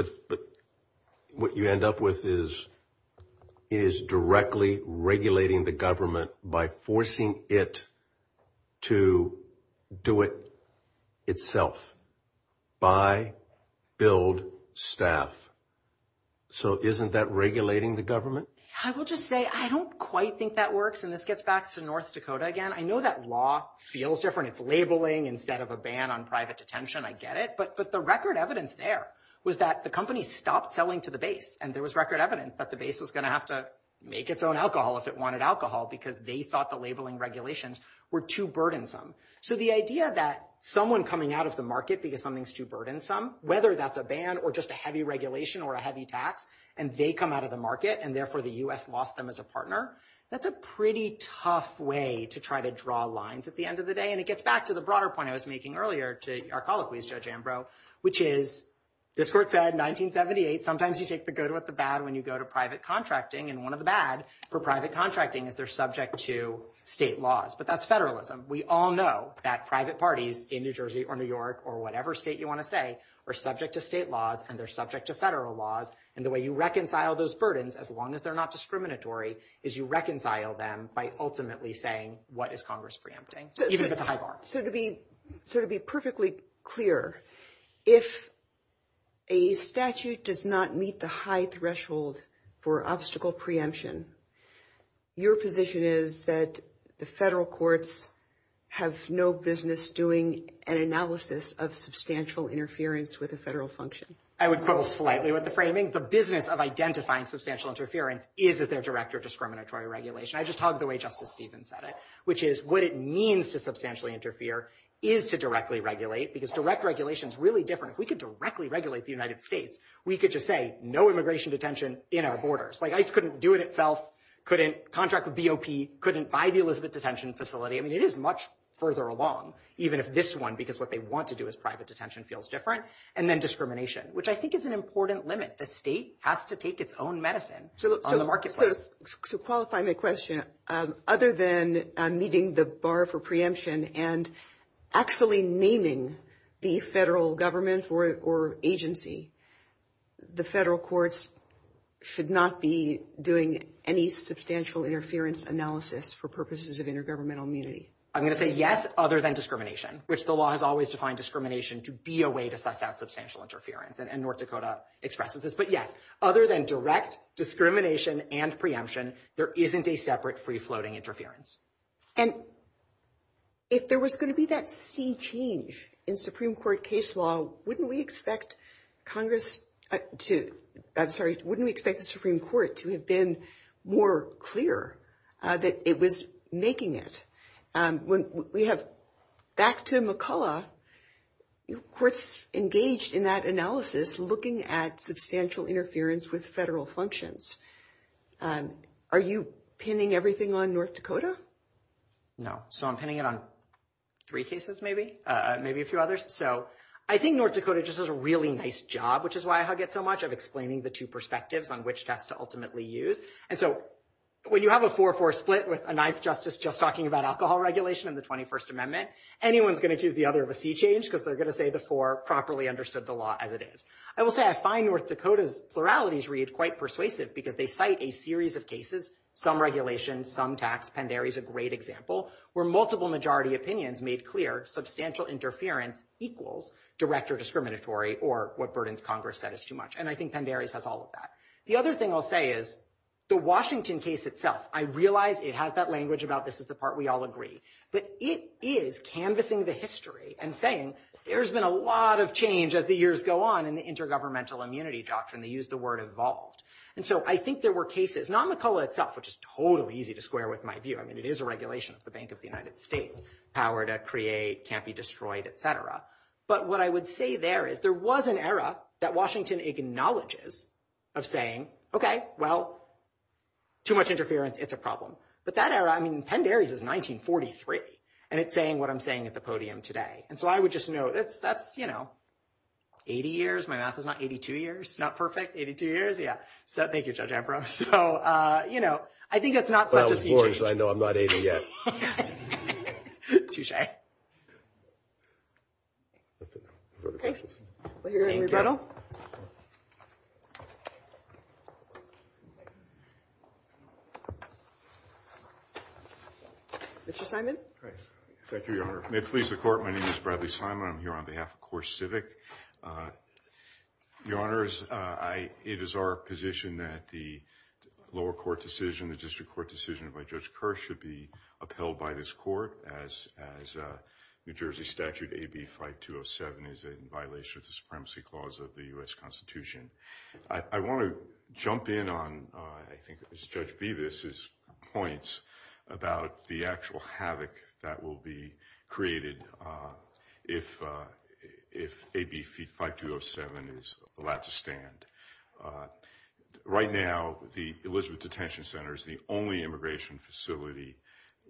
what you end up with is it is directly regulating the government by forcing it to do it itself. Buy, build, staff. So isn't that regulating the government? I will just say I don't quite think that works, and this gets back to North Dakota again. I know that law feels different. It's labeling instead of a ban on private detention. I get it. But the record evidence there was that the company stopped selling to the base, and there was record evidence that the base was going to have to make its own alcohol if it wanted alcohol because they thought the labeling regulations were too burdensome. So the idea that someone coming out of the market because something's too burdensome, whether that's a ban or just a heavy regulation or a heavy tax, and they come out of the market and, therefore, the U.S. lost them as a partner, that's a pretty tough way to try to draw lines at the end of the day. And it gets back to the broader point I was making earlier to our colleague, Judge Ambrose, which is this court said in 1978, sometimes you take the good with the bad when you go to private contracting, and one of the bad for private contracting is they're subject to state laws. But that's federalism. We all know that private parties in New Jersey or New York or whatever state you want to say are subject to state laws and they're subject to federal laws. And the way you reconcile those burdens, as long as they're not discriminatory, is you reconcile them by ultimately saying what is Congress preempting, even if it's a high bar. So to be perfectly clear, if a statute does not meet the high threshold for obstacle preemption, your position is that the federal courts have no business doing an analysis of substantial interference with a federal function. I would quibble slightly with the framing. The business of identifying substantial interference is as their director of discriminatory regulation. I just hugged the way Justice Stevens said it, which is what it means to substantially interfere is to directly regulate because direct regulation is really different. If we could directly regulate the United States, we could just say no immigration detention in our borders. ICE couldn't do it itself, couldn't contract with BOP, couldn't buy the illicit detention facility. I mean, it is much further along, even if this one, because what they want to do is private detention, feels different. And then discrimination, which I think is an important limit. The state has to take its own medicine on the marketplace. So qualifying the question, other than meeting the bar for preemption and actually naming the federal government or agency, the federal courts should not be doing any substantial interference analysis for purposes of intergovernmental immunity. I'm going to say yes, other than discrimination, which the law has always defined discrimination to be a way to set out substantial interference, and North Dakota expresses this. But yes, other than direct discrimination and preemption, there isn't a separate free-floating interference. And if there was going to be that sea change in Supreme Court case law, wouldn't we expect Congress to, I'm sorry, wouldn't we expect the Supreme Court to have been more clear that it was making it? We have, back to McCullough, courts engaged in that analysis, looking at substantial interference with federal functions. Are you pinning everything on North Dakota? No. So I'm pinning it on three cases maybe, maybe a few others. So I think North Dakota just does a really nice job, which is why I hug it so much, of explaining the two perspectives on which tests to ultimately use. And so when you have a 4-4 split with a ninth justice just talking about alcohol regulation in the 21st Amendment, anyone's going to choose the other of a sea change because they're going to say the four properly understood the law as it is. I will say I find North Dakota's pluralities read quite persuasive because they cite a series of cases, some regulations, some tax. Pandari's a great example where multiple majority opinions made clear substantial interference equals direct or discriminatory or what burdens Congress said is too much. And I think Pandari's has all of that. The other thing I'll say is the Washington case itself, I realize it has that language about this is the part we all agree, but it is canvassing the history and saying there's been a lot of change as the years go on in the intergovernmental immunity doctrine. They use the word evolved. And so I think there were cases, not McCullough itself, which is totally easy to square with my view. I mean, it is a regulation of the Bank of the United States, power to create, can't be destroyed, et cetera. But what I would say there is there was an era that Washington acknowledges of saying, okay, well, too much interference, it's a problem. But that era, I mean, Pandari's is 1943, and it's saying what I'm saying at the podium today. And so I would just know that's, you know, 80 years. My math is not 82 years. It's not perfect. 82 years, yeah. So thank you, Judge Ambrose. So, you know, I think it's not. Well, of course, I know I'm not 80 yet. Touche. Thank you. Mr. Simon. Thank you, Your Honor. May it please the Court, my name is Bradley Simon. I'm here on behalf of Court Civic. Your Honor, it is our position that the lower court decision, the district court decision by Judge Kerr should be upheld by this court as New Jersey Statute AB-507 is in violation of the supremacy clause of the U.S. Constitution. I want to jump in on, I think, Judge Bevis's points about the actual havoc that will be created if AB-5207 is allowed to stand. Right now, the Elizabeth Detention Center is the only immigration facility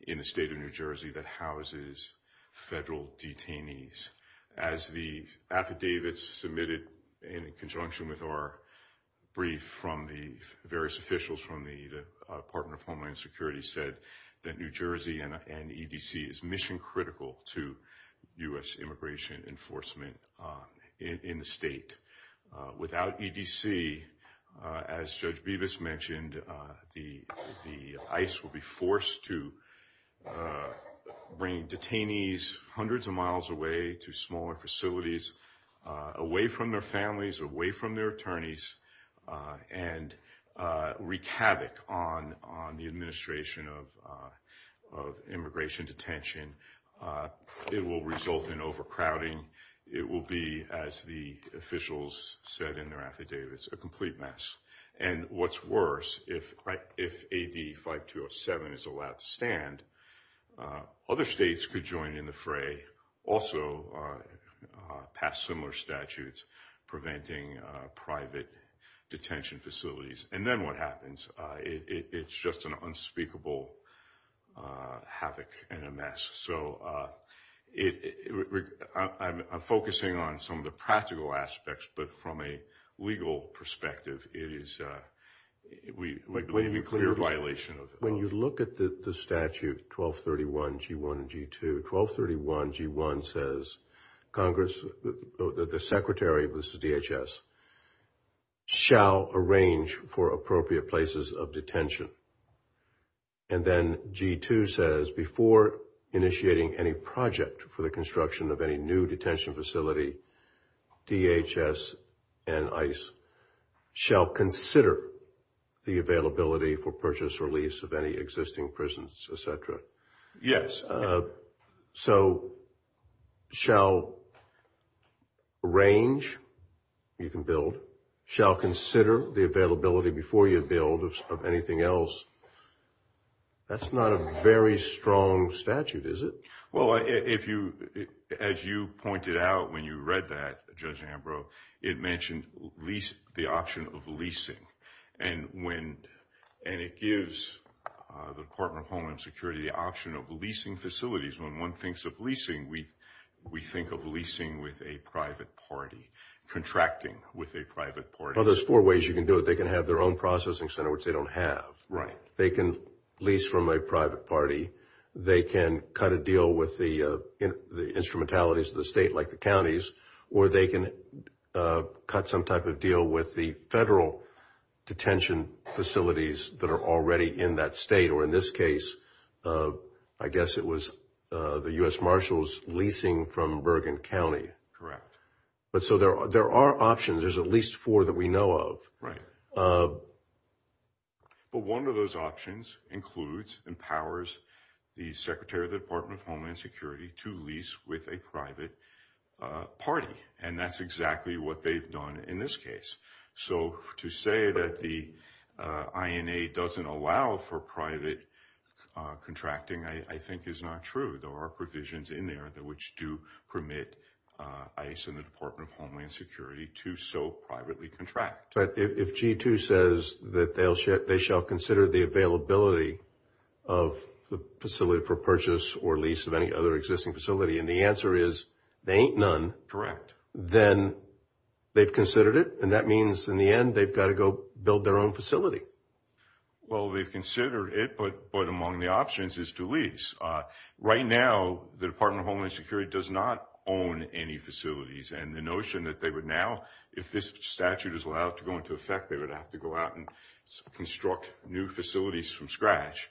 in the state of New Jersey that houses federal detainees. As the affidavits submitted in conjunction with our brief from the various officials from the Department of Homeland Security said that New Jersey and EDC is mission critical to U.S. immigration enforcement in the state. Without EDC, as Judge Bevis mentioned, the ICE will be forced to bring detainees hundreds of miles away to smaller facilities, away from their homes, and wreak havoc on the administration of immigration detention. It will result in overcrowding. It will be, as the officials said in their affidavits, a complete mess. And what's worse, if AB-5207 is allowed to stand, other states could join in the fray, also pass similar statutes preventing private detention facilities. And then what happens? It's just an unspeakable havoc and a mess. So I'm focusing on some of the practical aspects, but from a legal perspective, it is a clear violation of the law. When you look at the statute, 1231 G-1 and G-2, 1231 G-1 says, Congress, the Secretary of the DHS, shall arrange for appropriate places of detention. And then G-2 says, before initiating any project for the construction of any new detention facility, DHS and ICE shall consider the availability for purchase or lease of any existing prisons, et cetera. Yes. So shall arrange, you can build, shall consider the availability before you build of anything else. That's not a very strong statute, is it? Well, as you pointed out when you read that, Judge Ambrose, it mentioned the option of leasing. And it gives the Department of Homeland Security the option of leasing facilities. When one thinks of leasing, we think of leasing with a private party, contracting with a private party. Well, there's four ways you can do it. They can have their own processing center, which they don't have. Right. They can lease from a private party. They can cut a deal with the instrumentalities of the state, like the counties, or they can cut some type of deal with the federal detention facilities that are already in that state. Or in this case, I guess it was the U.S. Marshal's leasing from Bergen County. Correct. But so there are options. There's at least four that we know of. But one of those options includes, empowers the Secretary of the Department of Homeland Security to lease with a private party. And that's exactly what they've done in this case. So to say that the INA doesn't allow for private contracting, I think, is not true. There are provisions in there which do permit ICE and the Department of Homeland Security to so privately contract. But if G2 says that they shall consider the availability of the facility for purchase or lease of any other existing facility, and the answer is there ain't none. Then they've considered it. And that means in the end, they've got to go build their own facility. Well, they've considered it, but among the options is to lease. Right now, the Department of Homeland Security does not own any facilities. And the notion that they would now, if this statute is allowed to go into effect, they would have to go out and construct new facilities from scratch,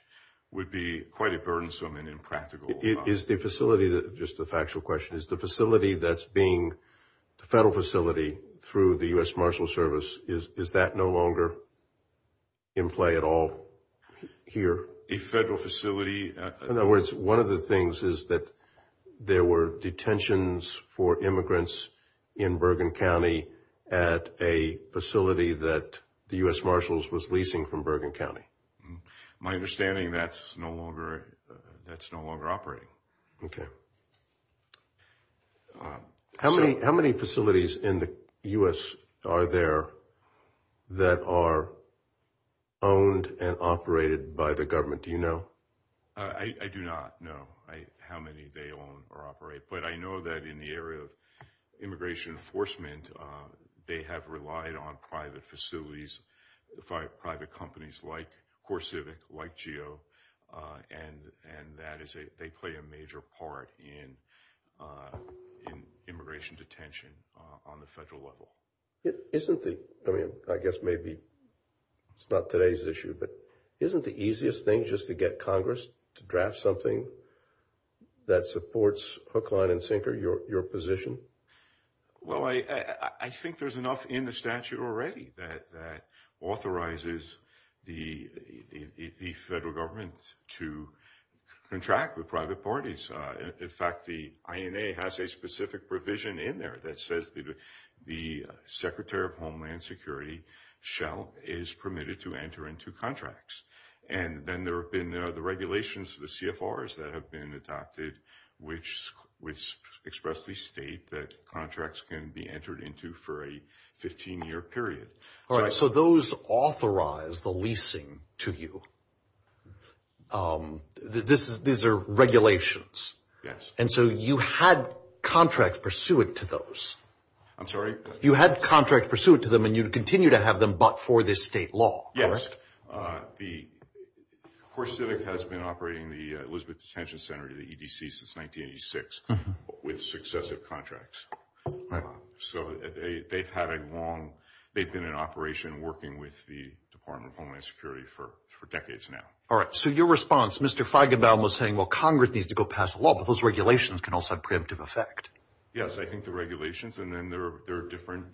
would be quite a burdensome and impractical. Is the facility, just a factual question, is the facility that's being the federal facility through the U.S. Marshals Service, is that no longer in play at all here? A federal facility? In other words, one of the things is that there were detentions for immigrants in Bergen County at a facility that the U.S. Marshals was leasing from Bergen County. My understanding, that's no longer operating. How many facilities in the U.S. are there that are owned and operated by the government? Do you know? I do not know how many they own or operate, but I know that in the area of immigration enforcement, they have relied on private facilities, private companies like CoreCivic, like GEO, and they play a major part in immigration detention on the federal level. Isn't it, I mean, I guess maybe it's not today's issue, but isn't the easiest thing just to get Congress to draft something that supports Hoechlin and Sinker, your position? Well, I think there's enough in the statute already that authorizes the federal government to contract with private parties. In fact, the INA has a specific provision in there that says that the Secretary of Homeland Security, Shell, is permitted to enter into contracts. And then there have been the regulations, the CFRs that have been adopted, which expressly state that contracts can be entered into for a 15-year period. All right, so those authorize the leasing to you. These are regulations. Yes. And so you had contracts pursuant to those. I'm sorry? You had contracts pursuant to them, and you continue to have them but for this state law, correct? Yes. Of course, CIVIC has been operating the Elizabeth Detention Center, the EDC, since 1986 with successive contracts. So they've had a long – they've been in operation working with the Department of Homeland Security for decades now. All right. So your response, Mr. Feigenbaum was saying, well, Congress needs to go pass a law, but those regulations can also have preemptive effect. Yes, I think the regulations, and then there are different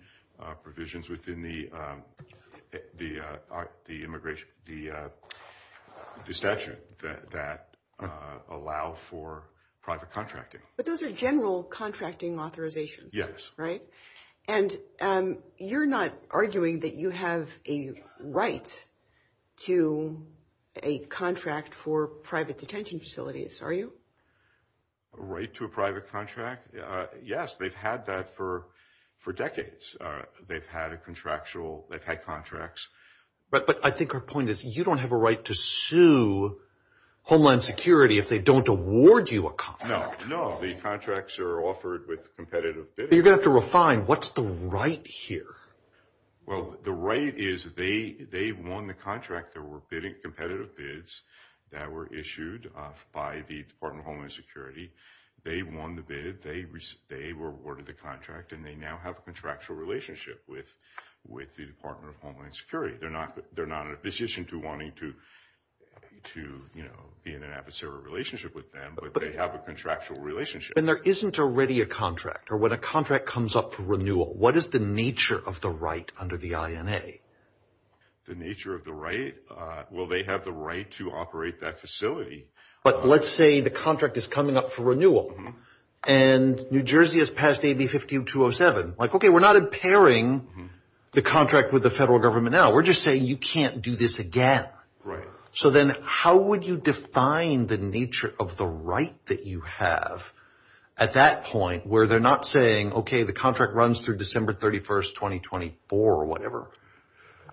provisions within the immigration – the statute that allow for private contracting. But those are general contracting authorizations. Yes. Right? And you're not arguing that you have a right to a contract for private detention facilities, are you? A right to a private contract? Yes, they've had that for decades. They've had a contractual – they've had contracts. But I think her point is you don't have a right to sue Homeland Security if they don't award you a contract. No, no. The contracts are offered with competitive bids. You're going to have to refine. What's the right here? Well, the right is they won the contract. There were competitive bids that were issued by the Department of Homeland Security. They won the bid. They were awarded the contract, and they now have a contractual relationship with the Department of Homeland Security. They're not a decision to wanting to be in an adversarial relationship with them, but they have a contractual relationship. But there isn't already a contract. Or when a contract comes up for renewal, what is the nature of the right under the INA? The nature of the right? Well, they have the right to operate that facility. But let's say the contract is coming up for renewal, and New Jersey has passed AB 5207. Like, okay, we're not impairing the contract with the federal government now. We're just saying you can't do this again. Right. So then how would you define the nature of the right that you have at that point where they're not saying, okay, the contract runs through December 31st, 2024 or whatever,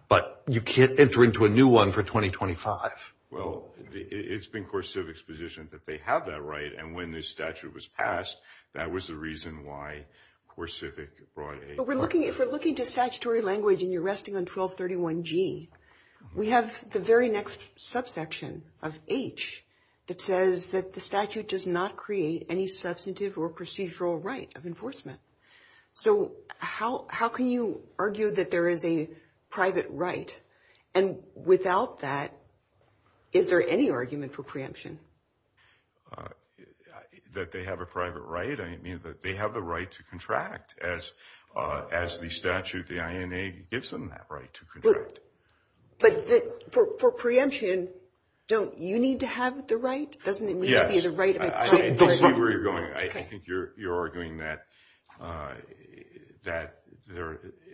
but you can't enter into a new one for 2025? Well, it's been CoreCivic's position that they have that right. And when this statute was passed, that was the reason why CoreCivic brought it. If we're looking to statutory language and you're resting on 1231G, we have the very next subsection of H that says that the statute does not create any substantive or procedural right of enforcement. So how can you argue that there is a private right? And without that, is there any argument for preemption? That they have a private right? I mean that they have the right to contract as the statute, the INA gives them that right to contract. But for preemption, don't you need to have the right? Yes. Doesn't it need to be the right? I see where you're going. I think you're arguing that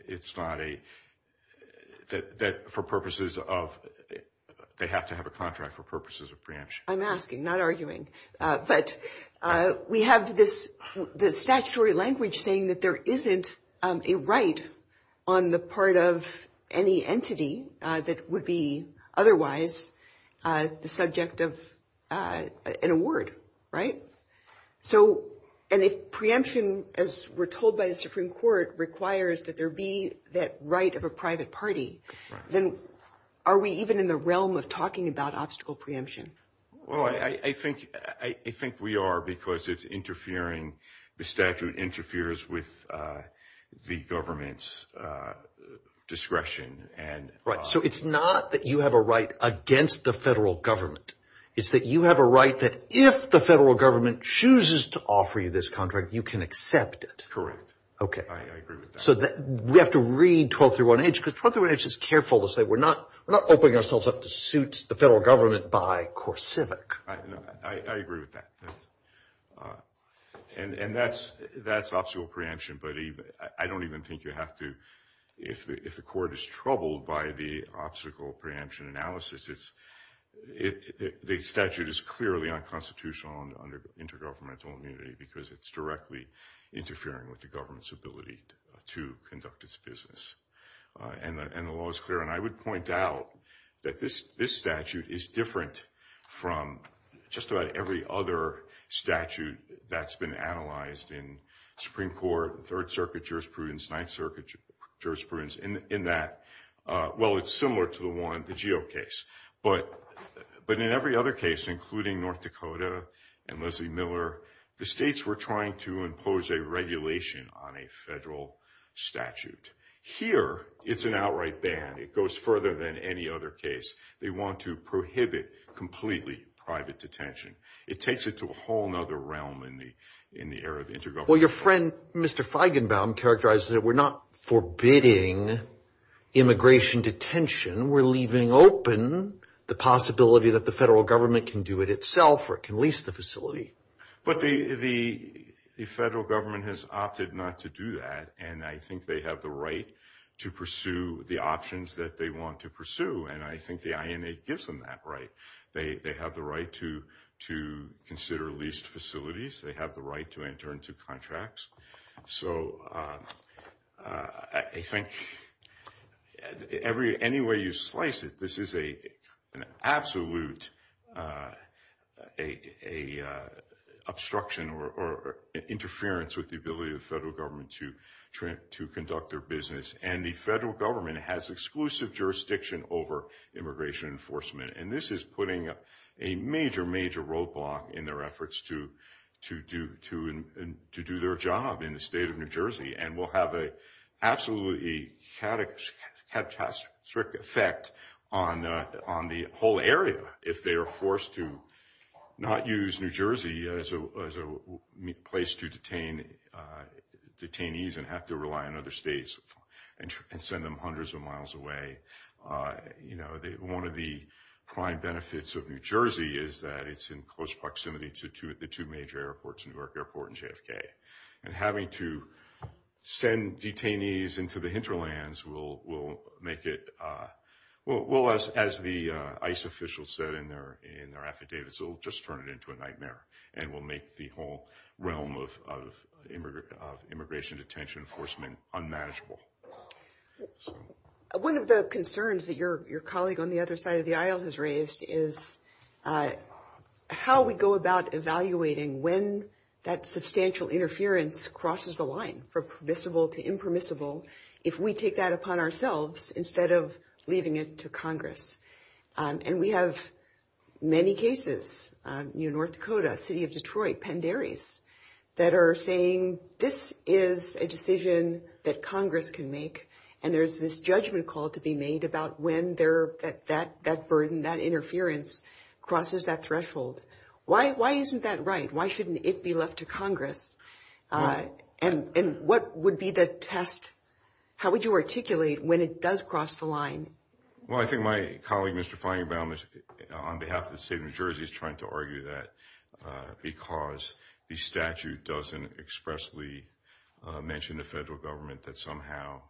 it's not a – that for purposes of – they have to have a contract for purposes of preemption. I'm asking, not arguing. But we have the statutory language saying that there isn't a right on the part of any entity that would be otherwise the subject of an award, right? So – and if preemption, as we're told by the Supreme Court, requires that there be that right of a private party, then are we even in the realm of talking about obstacle preemption? Well, I think we are because it's interfering – the statute interferes with the government's discretion. Right. So it's not that you have a right against the federal government. It's that you have a right that if the federal government chooses to offer you this contract, you can accept it. Correct. Okay. I agree with that. So we have to read 1231H because 1231H is careful to say we're not opening ourselves up to suit the federal government by core civic. I agree with that. And that's obstacle preemption, but I don't even think you have to – if the court is troubled by the obstacle preemption analysis, the statute is clearly unconstitutional under intergovernmental immunity because it's directly interfering with the government's ability to conduct its business. And the law is clear. And I would point out that this statute is different from just about every other statute that's been analyzed in the Supreme Court, Third Circuit jurisprudence, Ninth Circuit jurisprudence, in that, well, it's similar to the law in the Geo case. But in every other case, including North Dakota and Leslie Miller, the states were trying to impose a regulation on a federal statute. Here it's an outright ban. It goes further than any other case. They want to prohibit completely private detention. It takes it to a whole other realm in the area of intergovernmental immunity. Well, your friend, Mr. Feigenbaum, characterized that we're not forbidding immigration detention. We're leaving open the possibility that the federal government can do it itself or can lease the facility. But the federal government has opted not to do that, and I think they have the right to pursue the options that they want to pursue, and I think the INA gives them that right. They have the right to consider leased facilities. They have the right to intern to contracts. So I think any way you slice it, this is an absolute obstruction or interference with the ability of the federal government to conduct their business, and the federal government has exclusive jurisdiction over immigration enforcement, and this is putting a major, major roadblock in their efforts to do their job in the state of New Jersey and will have an absolutely catastrophic effect on the whole area if they are forced to not use New Jersey as a place to detain detainees and have to rely on other states and send them hundreds of miles away. One of the prime benefits of New Jersey is that it's in close proximity to the two major airports, New York Airport and JFK, and having to send detainees into the hinterlands will make it – well, as the ICE officials said in their affidavits, it will just turn it into a nightmare and will make the whole realm of immigration detention enforcement unmanageable. One of the concerns that your colleague on the other side of the aisle has raised is how we go about evaluating when that substantial interference crosses the line, from permissible to impermissible, if we take that upon ourselves instead of leaving it to Congress. And we have many cases, New North Dakota, City of Detroit, Penn Dairies, that are saying this is a decision that Congress can make and there's this judgment call to be made about when that burden, that interference, crosses that threshold. Why isn't that right? Why shouldn't it be left to Congress? And what would be the test? How would you articulate when it does cross the line? Well, I think my colleague, Mr. Feigenbaum, on behalf of the state of New Jersey, is trying to argue that because the statute doesn't expressly mention the federal government that somehow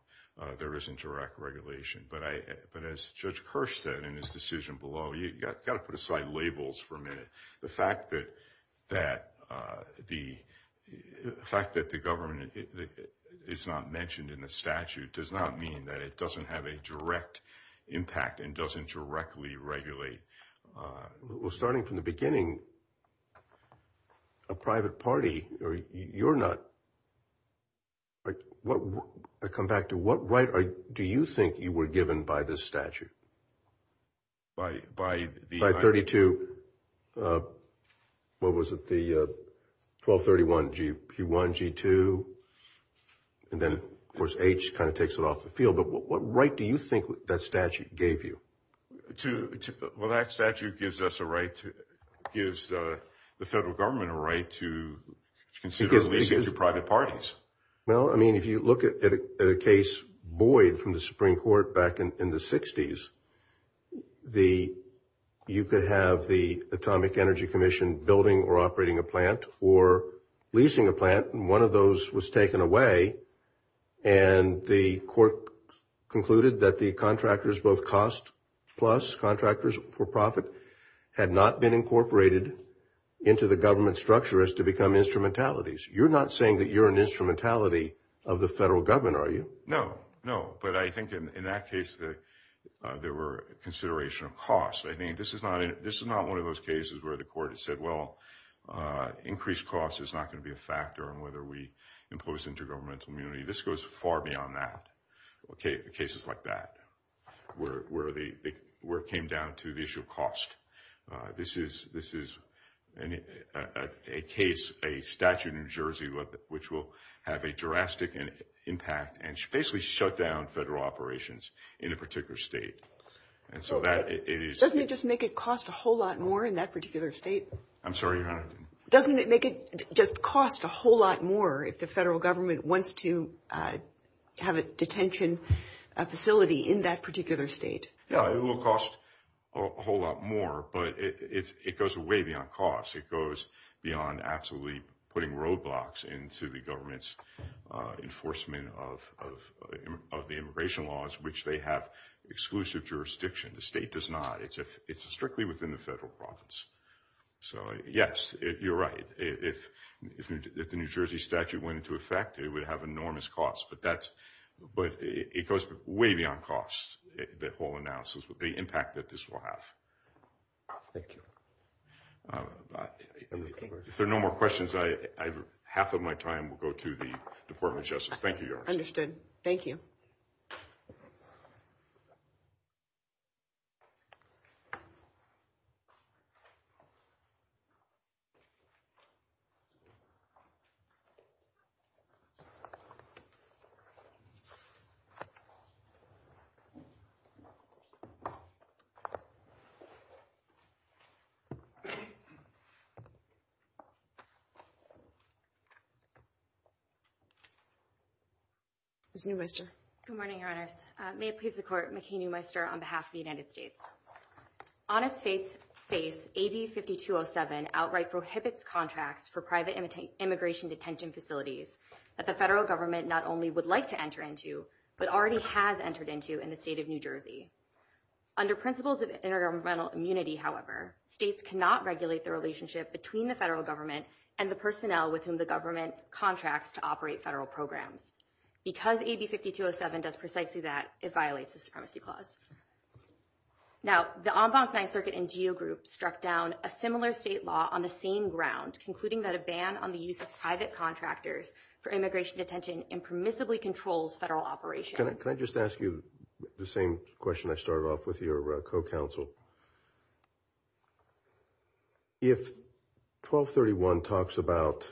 there isn't direct regulation. But as Judge Kirsch said in his decision below, you've got to put aside labels for a minute. The fact that the government is not mentioned in the statute does not mean that it doesn't have a direct impact and doesn't directly regulate. Well, starting from the beginning, a private party, you're not. I come back to what right do you think you were given by this statute? By 32. What was it, the 1231, G1, G2. And then, of course, H kind of takes it off the field. But what right do you think that statute gave you? Well, that statute gives the federal government a right to consider leasing to private parties. Well, I mean, if you look at a case buoyed from the Supreme Court back in the 60s, you could have the Atomic Energy Commission building or operating a plant or leasing a plant, and one of those was taken away, and the court concluded that the contractors, both cost plus, contractors for profit, had not been incorporated into the government structure as to become instrumentalities. You're not saying that you're an instrumentality of the federal government, are you? No, no. But I think in that case there were considerations of cost. I mean, this is not one of those cases where the court has said, well, increased cost is not going to be a factor in whether we impose intergovernmental immunity. This goes far beyond that, cases like that, where it came down to the issue of cost. This is a case, a statute in New Jersey, which will have a drastic impact and basically shut down federal operations in a particular state. Doesn't it just make it cost a whole lot more in that particular state? I'm sorry? Doesn't it make it just cost a whole lot more if the federal government wants to have a detention facility in that particular state? No, it will cost a whole lot more, but it goes way beyond cost. It goes beyond absolutely putting roadblocks into the government's enforcement of the immigration laws, which they have exclusive jurisdiction. The state does not. It's strictly within the federal province. So, yes, you're right. If the New Jersey statute went into effect, it would have enormous cost, but it goes way beyond cost, the whole analysis, the impact that this will have. Thank you. If there are no more questions, half of my time will go to the Department of Justice. Thank you, Your Honor. Understood. Thank you. Thank you. Thank you. Good morning, Your Honor. May it please the Court. McKaney Weister on behalf of the United States. On a state's base, AB5207 outright prohibits contracts for private immigration detention facilities that the federal government not only would like to enter into, but already has entered into in the state of New Jersey. Under principles of intergovernmental immunity, however, states cannot regulate the relationship between the federal government and the personnel with whom the government contracts to operate federal programs. In addition, AB5207 does precisely that it violates the Supremacy Clause. Now, the Ombudsman circuit and geo group struck down a similar state law on the same ground, concluding that a ban on the use of private contractors for immigration detention impermissibly controls federal operations. Can I just ask you the same question? I started off with your co-counsel. If 1231 talks about.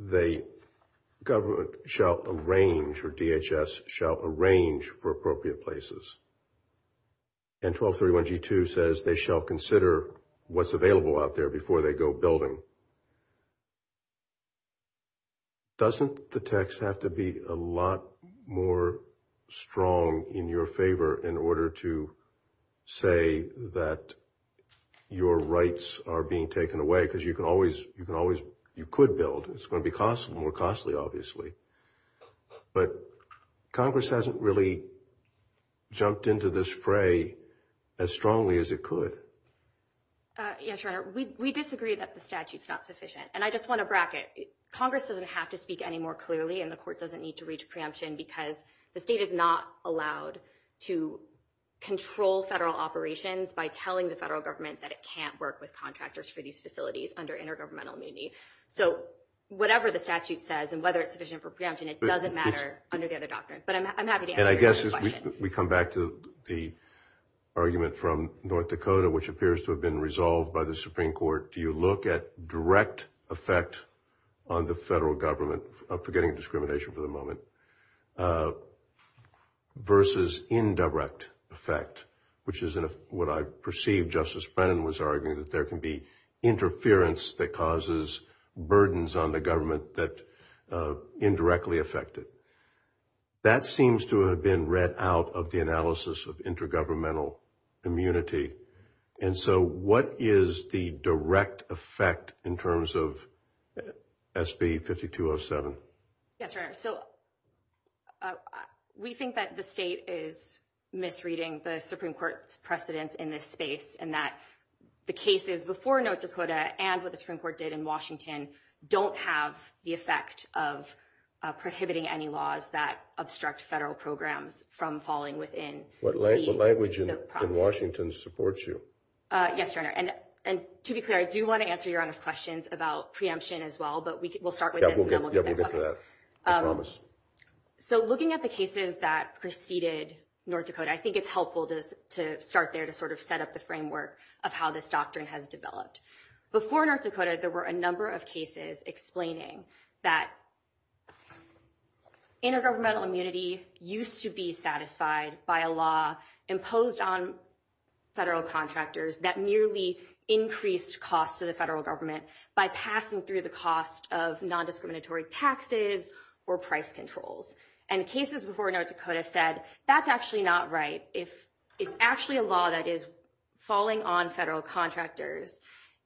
The government shall arrange for DHS, shall arrange for appropriate places. And 1231G2 says they shall consider what's available out there before they go build them. Doesn't the text have to be a lot more strong in your favor in order to say that your rights are being taken away? Because you can always, you can always, you could build. It's going to be cost more costly, obviously. But Congress hasn't really. Jumped into this fray as strongly as it could. Yeah, sure. We disagree that the statute's not sufficient and I just want to bracket Congress doesn't have to speak any more clearly and the court doesn't need to reach preemption because the state is not allowed to control federal operations by telling the federal government that it can't work with states under intergovernmental meaning. So whatever the statute says and whether it's sufficient for preemption, it doesn't matter under the other doctrines. But I'm happy to answer your question. And I guess as we come back to the argument from North Dakota, which appears to have been resolved by the Supreme Court, do you look at direct effect on the federal government, forgetting discrimination for the moment, versus indirect effect, which is what I perceive Justice Brennan was arguing, that there can be interference that causes burdens on the government that indirectly affect it. That seems to have been read out of the analysis of intergovernmental immunity. And so what is the direct effect in terms of SB 5207? Yes, Your Honor. So we think that the state is misreading the Supreme Court's precedence in this space, and that the cases before North Dakota, and what the Supreme Court did in Washington, don't have the effect of prohibiting any laws that obstruct federal programs from falling within. What language in Washington supports you? Yes, Your Honor. And to be clear, I do want to answer Your Honor's questions about preemption as well, but we'll start with this. Yeah, we'll get to that. I promise. So looking at the cases that preceded North Dakota, I think it's helpful to start there to sort of set up the framework of how this doctrine has developed. Before North Dakota, there were a number of cases explaining that intergovernmental immunity used to be satisfied by a law imposed on federal contractors that nearly increased costs to the federal government by passing through the cost of nondiscriminatory taxes or price controls. And the cases before North Dakota said, that's actually not right. It's actually a law that is falling on federal contractors,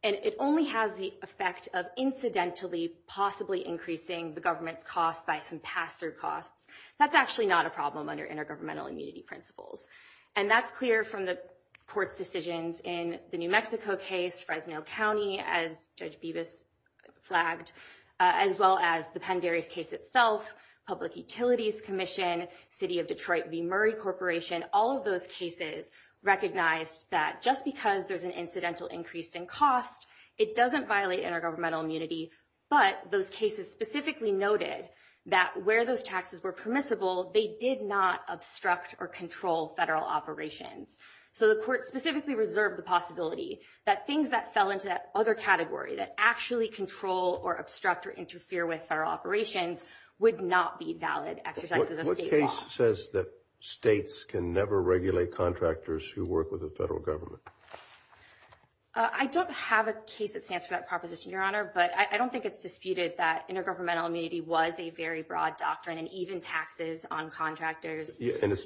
and it only has the effect of incidentally possibly increasing the government's costs by some pass-through costs. That's actually not a problem under intergovernmental immunity principles. And that's clear from the court decisions in the New Mexico case, Fresno County, as Judge Bevis flagged, as well as the Penderes case itself, Public Utilities Commission, City of Detroit v. Murray Corporation, all of those cases recognized that just because there's an incidental increase in cost, it doesn't violate intergovernmental immunity. But those cases specifically noted that where those taxes were permissible, they did not obstruct or control federal operations. So the court specifically reserved the possibility that things that fell into that other category that actually control or obstruct or interfere with federal operations would not be valid exercises of state law. What case says that states can never regulate contractors who work with the federal government? I don't have a case that stands for that proposition, Your Honor, but I don't think it's disputed that intergovernmental immunity was a very broad doctrine and even taxes on contractors.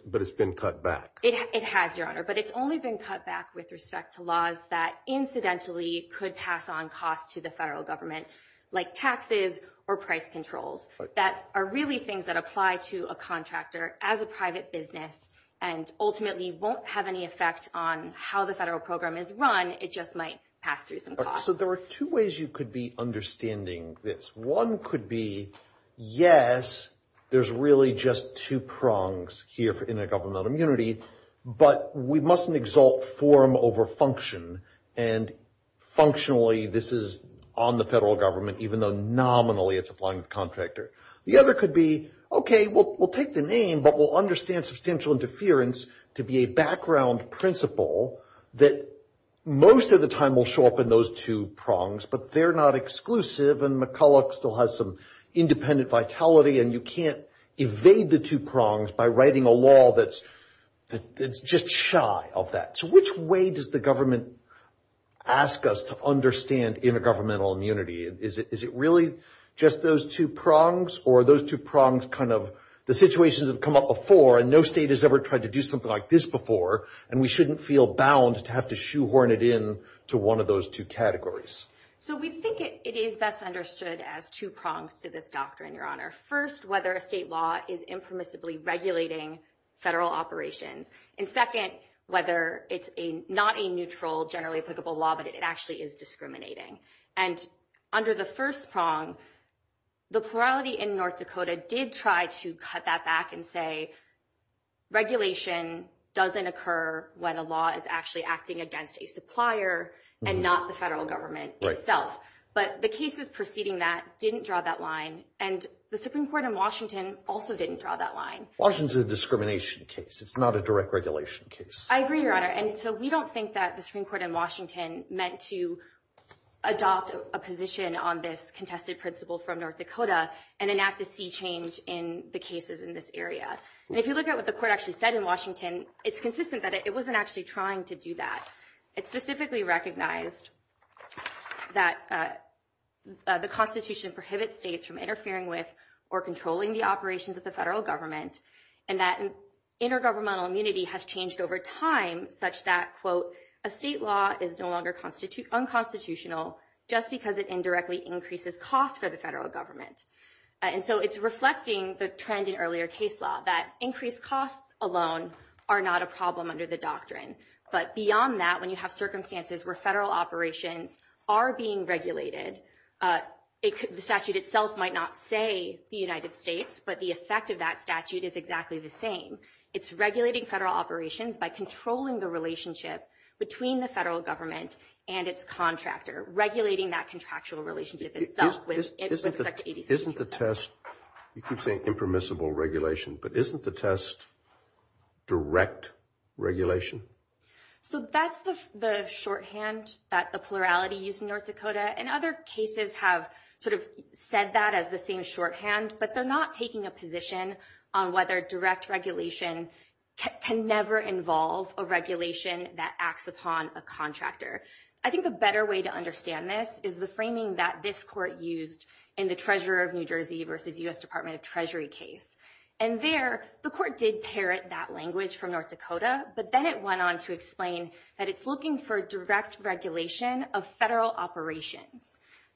But it's been cut back. It has, Your Honor, but it's only been cut back with respect to laws that incidentally could pass on costs to the federal government, like taxes or price controls, that are really things that apply to a contractor as a private business and ultimately won't have any effect on how the federal program is run. It just might pass through some costs. So there are two ways you could be understanding this. One could be, yes, there's really just two prongs here for intergovernmental immunity, but we mustn't exalt form over function. And functionally, this is on the federal government, even though nominally it's applying to contractors. The other could be, okay, we'll take the name, but we'll understand substantial interference to be a background principle that most of the time will show up in those two prongs, but they're not exclusive and McCulloch still has some independent vitality and you can't evade the two prongs by writing a law that's just shy of that. So which way does the government ask us to understand intergovernmental immunity? Is it really just those two prongs or are those two prongs kind of the situations have come up before and no state has ever tried to do something like this before and we shouldn't feel bound to have to shoehorn it in to one of those two categories? So we think it is best understood as two prongs to this doctrine, Your Honor. First, whether a state law is infamously regulating federal operations. And second, whether it's not a neutral, generally applicable law, but it actually is discriminating. And under the first prong, the plurality in North Dakota did try to cut that back and say regulation doesn't occur when a law is actually acting against a supplier and not the federal government itself. But the cases preceding that didn't draw that line and the Supreme Court in Washington also didn't draw that line. Washington is a discrimination case. It's not a direct regulation case. I agree, Your Honor. And so we don't think that the Supreme Court in Washington meant to adopt a position on this contested principle from North Dakota and enact a sea change in the cases in this area. And if you look at what the court actually said in Washington, it's consistent that it wasn't actually trying to do that. It specifically recognized that the Constitution prohibits states from regulating federal operations. And so it's reflecting the trend in earlier case law, that increased costs alone are not a problem under the doctrine. But beyond that, when you have circumstances where federal operations are being regulated, the statute itself might not say the United States, but the effect of that could be that a state law is no longer unconstitutional and that statute is exactly the same. It's regulating federal operations by controlling the relationship between the federal government and its contractor, regulating that contractual relationship itself with ABC. Isn't the test, you keep saying impermissible regulation, but isn't the test direct regulation? So that's the shorthand that the plurality used in North Dakota. And other cases have sort of said that as the same shorthand, but they're not taking a position on whether direct regulation can never involve a regulation that acts upon a contractor. I think a better way to understand this is the framing that this court used in the treasurer of New Jersey versus U.S. Department of Treasury case. And there the court did tear it, that language from North Dakota, but then it went on to explain that it's looking for direct regulation of federal operations.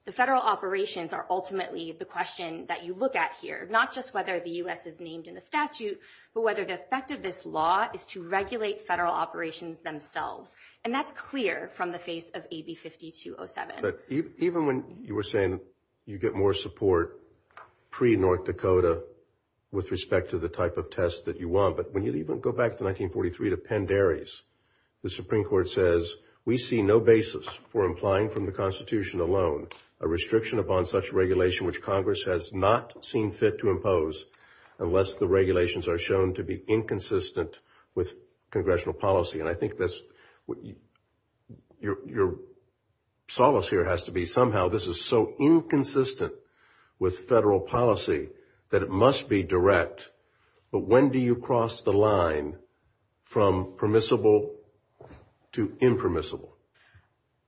The federal operations are ultimately the question that you look at here, not just whether the U.S. is named in the statute, but whether the effect of this law is to regulate federal operations themselves. And that's clear from the face of AB 5207. But even when you were saying you get more support pre-North Dakota with respect to the type of test that you want, but when you even go back to 1943 to Penn Dairy's, the Supreme Court says, we see no basis for implying from the constitution alone, a restriction upon such regulation, which Congress has not seen fit to impose unless the regulations are shown to be inconsistent with congressional policy. And I think that's, your solace here has to be somehow this is so inconsistent with federal policy that it must be direct. But when do you cross the line from permissible to impermissible?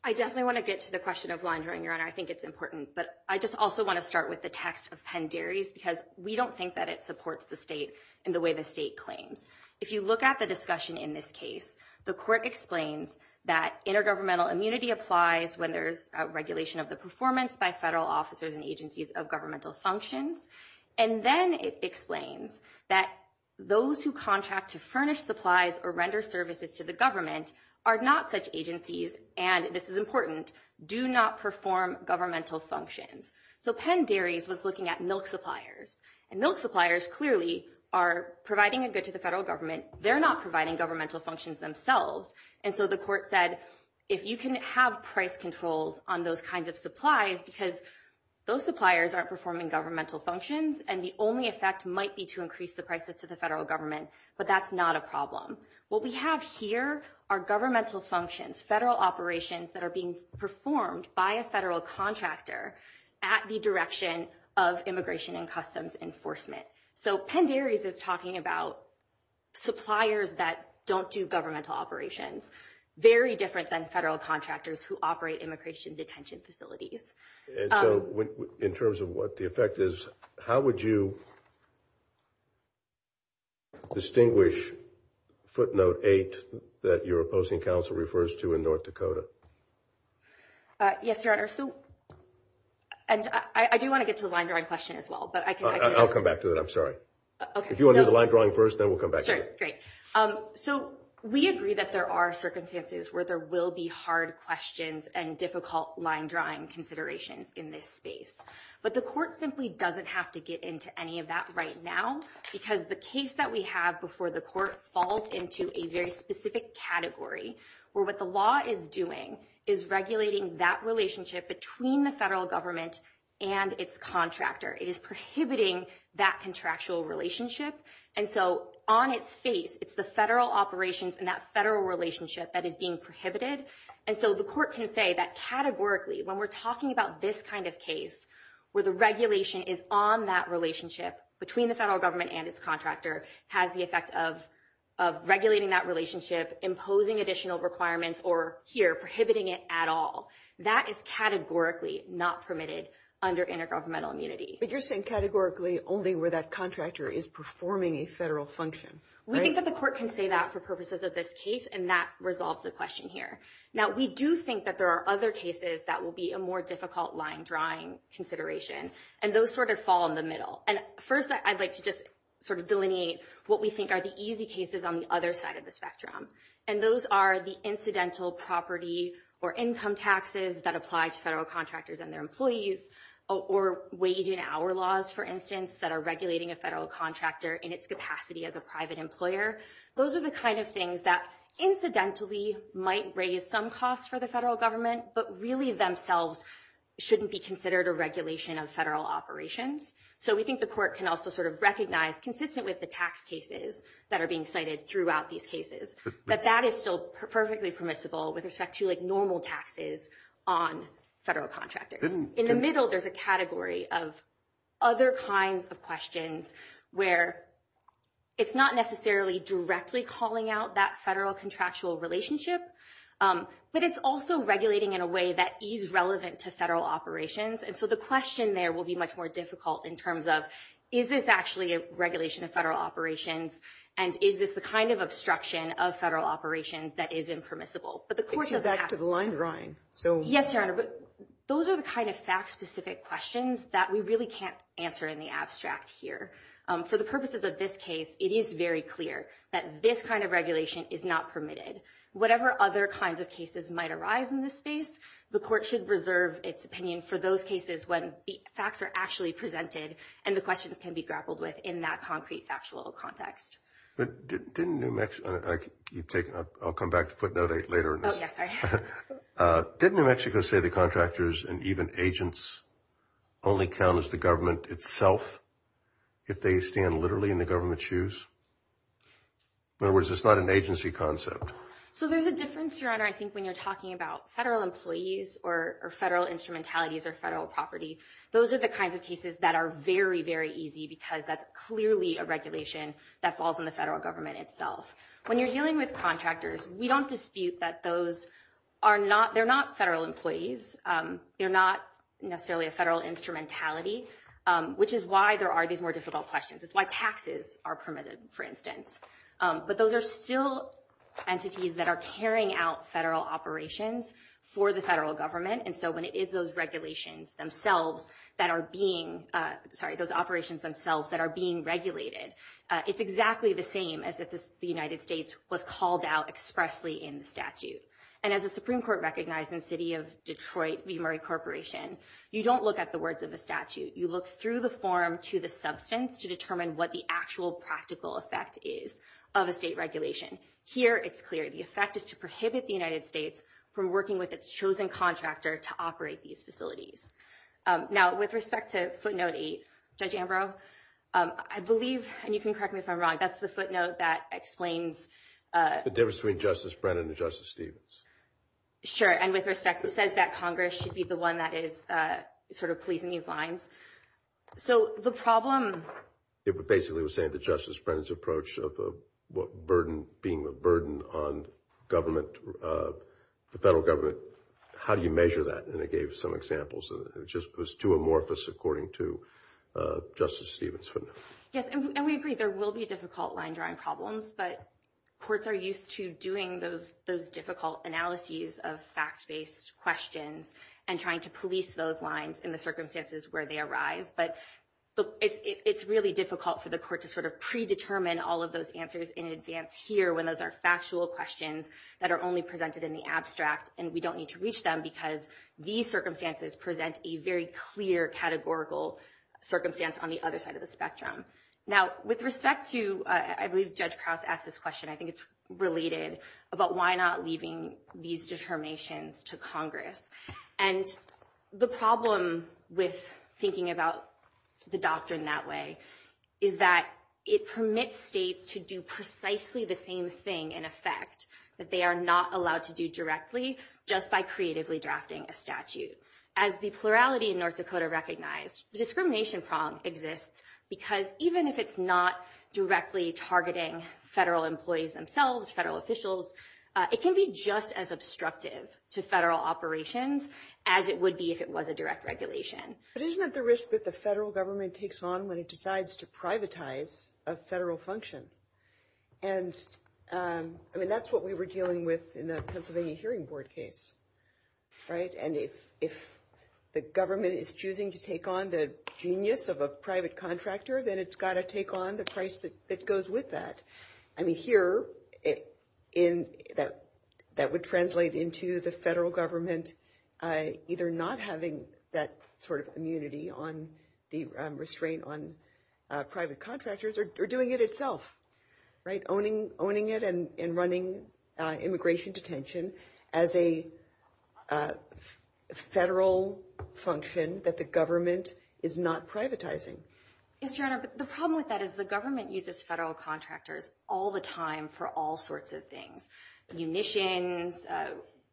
I definitely want to get to the question of laundering, Your Honor. I think it's important, but I just also want to start with the text of Penn Dairy's because we don't think that it supports the state and the way the state claims. If you look at the discussion in this case, the court explains that intergovernmental immunity applies when there's a regulation of the performance by federal officers and agencies of governmental functions. And then it explains that those who contract to furnish supplies or render services to the government are not such agencies. And this is important. Do not perform governmental functions. So Penn Dairy's was looking at milk suppliers and milk suppliers clearly are providing a good to the federal government. They're not providing governmental functions themselves. And so the court said, if you can have price controls on those kinds of supplies, because those suppliers aren't performing governmental functions and the only effect might be to increase the prices to the federal government, but that's not a problem. What we have here are governmental functions, federal operations that are being performed by a federal contractor at the direction of immigration and customs enforcement. So Penn Dairy's is talking about suppliers that don't do governmental operations, very different than federal contractors who operate immigration detention facilities. And so in terms of what the effect is, how would you distinguish footnote eight that your opposing council refers to in North Dakota? Yes, your Honor. So I do want to get to the line drawing question as well, but I'll come back to that. I'm sorry. If you want to do the line drawing first, then we'll come back to it. Great. So we agree that there are circumstances where there will be hard questions and difficult line drawing considerations in this space, but the court simply doesn't have to get into any of that right now because the case that we have before the court falls into a very specific category where what the law is doing is regulating that relationship between the federal government and its contractor is prohibiting that contractual relationship. And so on its face, it's the federal operations and that federal relationship that is being prohibited. And so the court can say that categorically when we're talking about this kind of case, where the regulation is on that relationship between the federal government and its contractor has the effect of regulating that relationship, imposing additional requirements, or here prohibiting it at all that is categorically not permitted under intergovernmental immunity. But you're saying categorically only where that contractor is performing a federal function. We think that the court can say that for purposes of this case. And that resolves the question here. Now we do think that there are other cases that will be a more difficult line drawing consideration. And those sort of fall in the middle. And first I'd like to just sort of delineate what we think are the easy cases on the other side of the spectrum. And those are the incidental property or income taxes that apply to federal contractors and their employees, or wage and hour laws, for instance, that are regulating a federal contractor in its capacity as a private employer. Those are the kinds of things that incidentally might raise some costs for the federal government, but really themselves shouldn't be considered a regulation of federal operations. So we think the court can also sort of recognize consistent with the tax cases that are being cited throughout these cases, that that is still perfectly permissible with respect to like normal taxes on federal contractors. In the middle, there's a category of other kinds of questions where it's not necessarily directly calling out that federal contractual relationship, but it's also regulating in a way that is relevant to federal operations. And so the question there will be much more difficult in terms of, is this actually a regulation of federal operations? And is this the kind of obstruction of federal operations that is impermissible? But the court has that to the line drawing. So yes, those are the kind of facts specific questions that we really can't answer in the abstract here. So the purposes of this case, it is very clear that this kind of regulation is not permitted. Whatever other kinds of cases might arise in this space, the court should reserve its opinion for those cases when the facts are actually presented and the questions can be grappled with in that concrete factual context. Didn't New Mexico. I'll come back to put that later. Didn't New Mexico say the contractors and even agents only count as the government itself. If they stand literally in the government shoes. In other words, it's not an agency concept. So there's a difference your honor. I think when you're talking about federal employees or federal instrumentalities or federal property, those are the kinds of cases that are very, very easy because that's clearly a regulation that falls in the federal government itself. When you're dealing with contractors, we don't dispute that those are not, they're not federal employees. You're not necessarily a federal instrumentality, which is why there are these more difficult questions. It's why taxes are permitted for instance, but those are still entities that are carrying out federal operations for the federal government. And so when it is those regulations themselves that are being sorry, those operations themselves that are being regulated, it's exactly the same as the United States was called out expressly in statute. And as a Supreme court recognized in the city of Detroit, the Murray corporation, you don't look at the words of the statute. You look through the form to the substance, to determine what the actual practical effect is of a state regulation. Here. It's clear. The effect is to prohibit the United States from working with its chosen contractor to operate these facilities. Now with respect to footnote eight, judge Ambrose, I believe, and you can correct me if I'm wrong. That's the footnote that explains the difference between justice Brennan, the justice Stevens. Sure. And with respect to says that Congress should be the one that is sort of pleasing these lines. So the problem. If it basically was saying to justice Brennan's approach of what burden being a burden on government, the federal government, how do you measure that? And it gave some examples of just was too amorphous according to justice Stevens. Yes. And we agree. There will be a difficult line drawing problems, but courts are used to doing those, those difficult analyses of fact-based questions and trying to police those lines in the circumstances where they arrive. But it's really difficult for the court to sort of predetermine all of those answers in advance here, when those are factual questions that are only presented in the abstract and we don't need to reach them because these circumstances present a very clear categorical circumstance on the other side of the spectrum. Now with respect to, I believe judge Krauss asked this question. I think it's related about why not leaving these determinations to Congress and the problem with thinking about the doctor in that way is that it permits states to do precisely the same thing in effect that they are not allowed to do directly just by creatively drafting a statute as the plurality in North Dakota, the discrimination problem exists because even if it's not directly targeting federal employees themselves, federal officials, it can be just as obstructive to federal operations as it would be if it was a direct regulation. But isn't it the risk that the federal government takes on when it decides to privatize a federal function? And I mean, that's what we were dealing with in the Pennsylvania hearing board case, right? And if the government is choosing to take on the genius of a private contractor, then it's got to take on the price that goes with that. I mean, here in that, that would translate into the federal government either not having that sort of immunity on the restraint on private contractors or doing it itself, right? Owning, owning it and, and running immigration detention as a federal function that the government is not privatizing. The problem with that is the government uses federal contractors all the time for all sorts of things, munitions,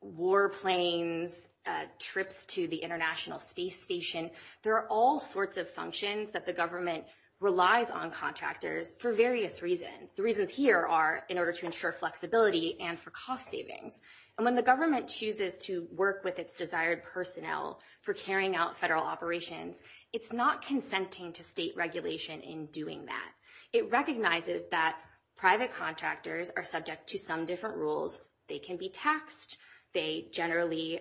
war planes, trips to the international space station. There are all sorts of functions that the government relies on contractors for various reasons. The reasons here are in order to ensure flexibility and for cost savings. And when the government chooses to work with its desired personnel for carrying out federal operations, it's not consenting to state regulation in doing that. It recognizes that private contractors are subject to some different rules. They can be taxed. They generally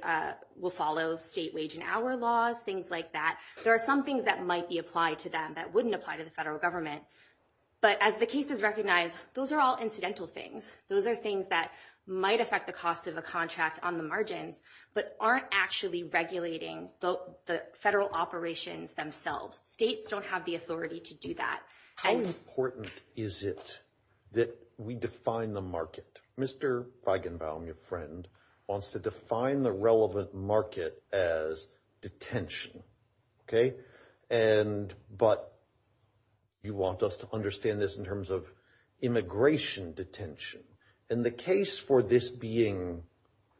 will follow state wage and hour laws, things like that. There are some things that might be applied to them that wouldn't apply to the federal government. But as the case is recognized, those are all incidental things. Those are things that might affect the cost of a contract on the margin, but aren't actually regulating the federal operations themselves. States don't have the authority to do that. How important is it that we define the market? Mr. Feigenbaum, your friend wants to define the relevant market as detention. Okay. But you want us to understand this in terms of immigration detention. And the case for this being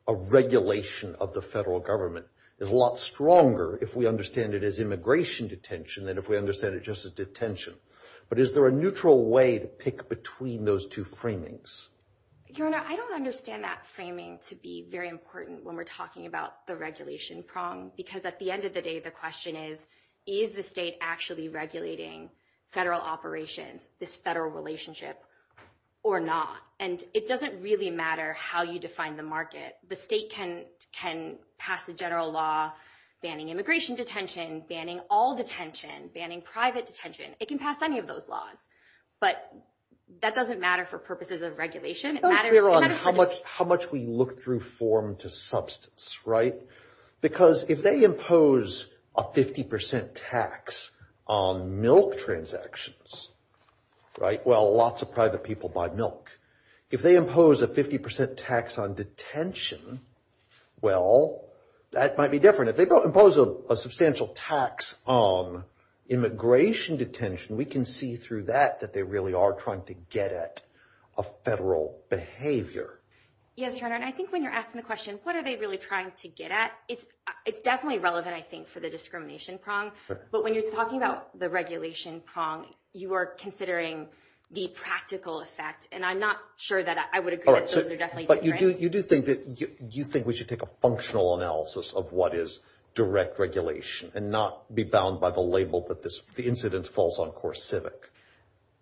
a regulation of the federal government is a lot stronger if we understand it as immigration detention than if we understand it just as detention. But is there a neutral way to pick between those two framings? Your Honor, I don't understand that framing to be very important when we're talking about the regulation problem. Because at the end of the day, the question is, is the state actually regulating federal operations, this federal relationship or not? And it doesn't really matter how you define the market. The state can pass a general law banning immigration detention, banning all detention, banning private detention. It can pass any of those laws, but that doesn't matter for purposes of regulation. How much we look through form to substance, right? Because if they impose a 50% tax on milk transactions, right? Well, lots of private people buy milk. If they impose a 50% tax on detention, well, that might be different. If they don't impose a substantial tax on immigration detention, we can see through that, that they really are trying to get at a federal behavior. Yes, Your Honor. And I think when you're asking the question, what are they really trying to get at? It's definitely relevant, I think, for the discrimination prong. But when you're talking about the regulation prong, you are considering the practical effect. And I'm not sure that I would agree that those are definitely different. But you do think that we should take a functional analysis of what is direct regulation and not be bound by the label that the incidence falls on poor civic.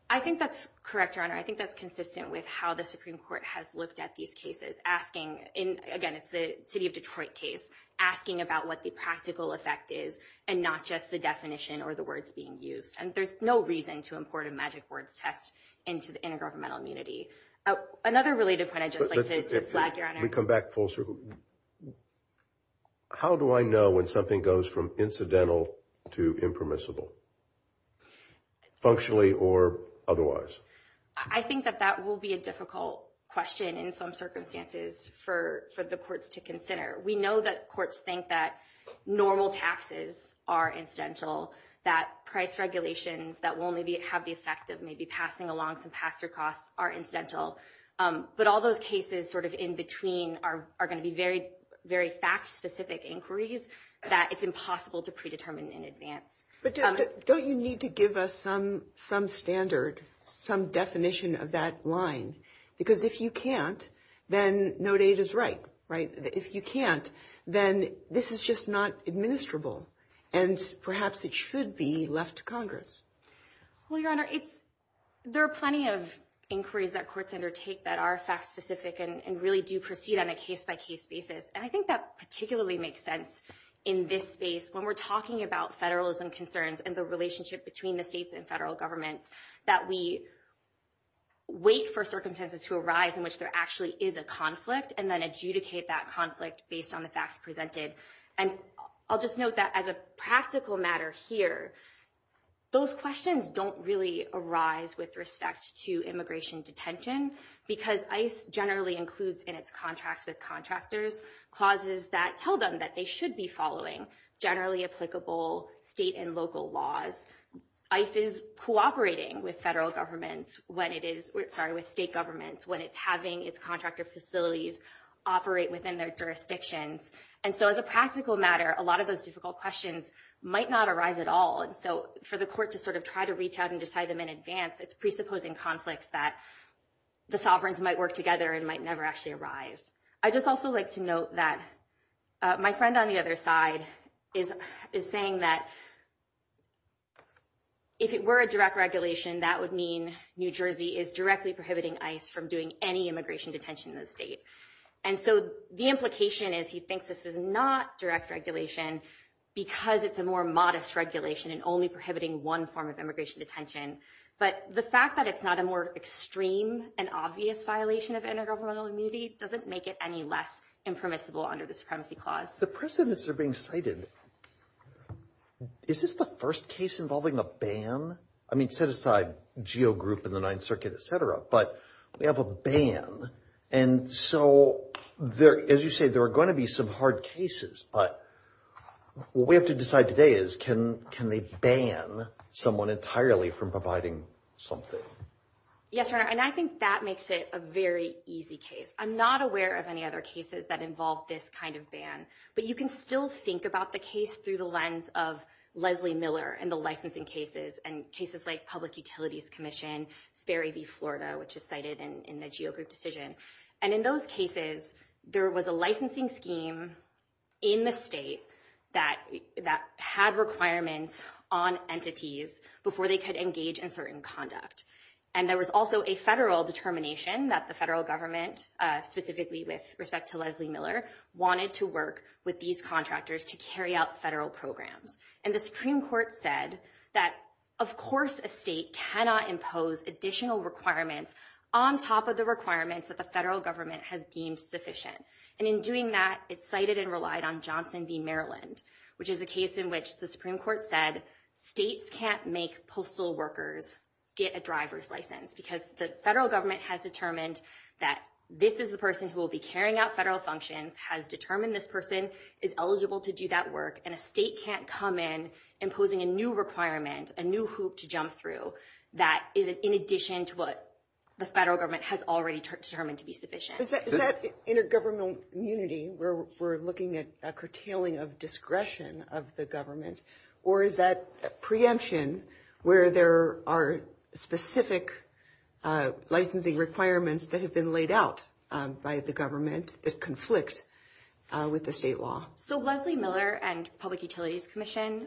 I think that's correct, Your Honor. I think that's consistent with how the Supreme Court has looked at these cases. Again, it's the city of Detroit case. Asking about what the practical effect is and not just the definition or the words being used. And there's no reason to import a magic words test into the intergovernmental immunity. Another related point I'd just like to add, Your Honor. Can we come back full circle? How do I know when something goes from incidental to impermissible? Functionally or otherwise? I think that that will be a difficult question in some circumstances for the courts to consider. We know that courts think that normal taxes are incidental, that price regulations that will maybe have the effect of maybe passing along some tax or costs are incidental. But all those cases sort of in between are going to be very fact-specific inquiries that it's impossible to predetermine in advance. But don't you need to give us some standard, some definition of that line? Because if you can't, then no data is right, right? If you can't, then this is just not administrable. And perhaps it should be left to Congress. Well, Your Honor, there are plenty of inquiries that courts undertake that are fact-specific and really do proceed on a case-by-case basis. And I think that particularly makes sense in this space when we're talking about federalism concerns and the relationship between the states and federal government that we wait for circumstances to arise in which there actually is a conflict and then adjudicate that conflict based on the facts presented. And I'll just note that as a practical matter here, those questions don't really arise with respect to immigration detention because ICE generally includes in its contracts with contractors clauses that tell them that they should be following generally applicable state and local laws. ICE is cooperating with state governments when it's having its contractor facilities operate within their jurisdictions. And so as a practical matter, a lot of those difficult questions might not arise at all. And so for the court to sort of try to reach out and decide them in advance, it's presupposing conflicts that the sovereigns might work together and might never actually arise. I'd just also like to note that my friend on the other side is saying that if it were a direct regulation, that would mean New Jersey is directly prohibiting ICE from doing any immigration detention in the state. And so the implication is he thinks this is not direct regulation because it's a more modest regulation and only prohibiting one form of immigration detention. But the fact that it's not a more extreme and obvious violation of intergovernmental immunity doesn't make it any less impermissible under the Supremacy Clause. The precedents are being cited. Is this the first case involving a ban? I mean, set aside GEO Group and the Ninth Circuit, et cetera, but we have a ban. And so as you say, there are going to be some hard cases, but what we have to decide today is, can they ban someone entirely from providing something? Yes, sir, and I think that makes it a very easy case. I'm not aware of any other cases that involve this kind of ban, but you can still think about the case through the lens of Leslie Miller and the licensing cases and cases like Public Utilities Commission, Ferry v. Florida, which is cited in the GEO Group decision. And in those cases, there was a licensing scheme in the state that had requirements on entities before they could engage in certain conduct. And there was also a federal determination that the federal government, specifically with respect to Leslie Miller, wanted to work with these contractors to carry out federal programs. And the Supreme Court said that, of course, a state cannot impose additional requirements on top of the requirements that the federal government has deemed sufficient. And in doing that, it cited and relied on Johnson v. Maryland, which is a case in which the Supreme Court said states can't make postal workers get a driver's license because the federal government has determined that this is the person who will be carrying out federal functions, has determined this person is eligible to do that work, and a state can't come in imposing a new requirement, a new hoop to jump through that is in addition to what the federal government has already determined to be sufficient. Is that intergovernmental unity where we're looking at a curtailing of discretion of the government, or is that preemption where there are specific licensing requirements that have been laid out by the government that conflict with the state law? So Leslie Miller and Public Utilities Commission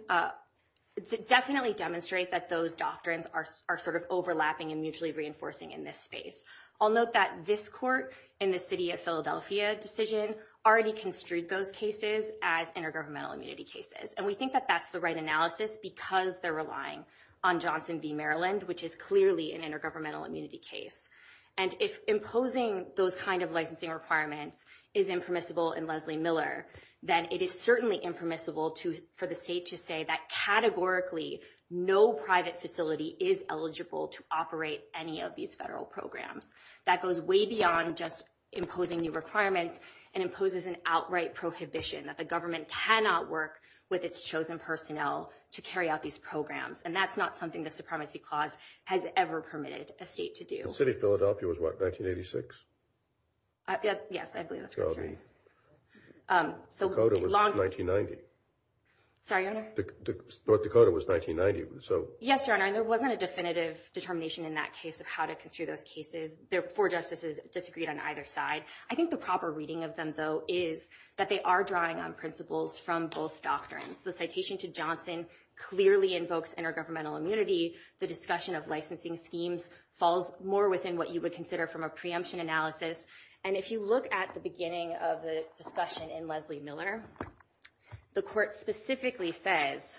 definitely demonstrate that those doctrines are sort of overlapping and mutually reinforcing in this space. I'll note that this court in the city of Philadelphia decision already construed those cases as intergovernmental immunity cases, and we think that that's the right analysis because they're relying on Johnson v. Maryland, which is clearly an intergovernmental immunity case. And if imposing those kind of licensing requirements is impermissible in Leslie Miller, then it is certainly impermissible for the state to say that categorically no private facility is eligible to operate any of these federal programs. That goes way beyond just imposing new requirements and imposes an outright prohibition that the government cannot work with its chosen personnel to carry out these programs, and that's not something the Supremacy Clause has ever permitted a state to do. The city of Philadelphia was what, 1986? Yes, I believe that's correct. Dakota was 1990. Sorry, Your Honor? North Dakota was 1990. Yes, Your Honor, and there wasn't a definitive determination in that case of how to construe those cases for justices disagreed on either side. I think the proper reading of them, though, is that they are drawing on principles from both doctrines. The citation to Johnson clearly invokes intergovernmental immunity. The discussion of licensing schemes falls more within what you would consider from a preemption analysis, and if you look at the beginning of the discussion in Leslie Miller, the court specifically says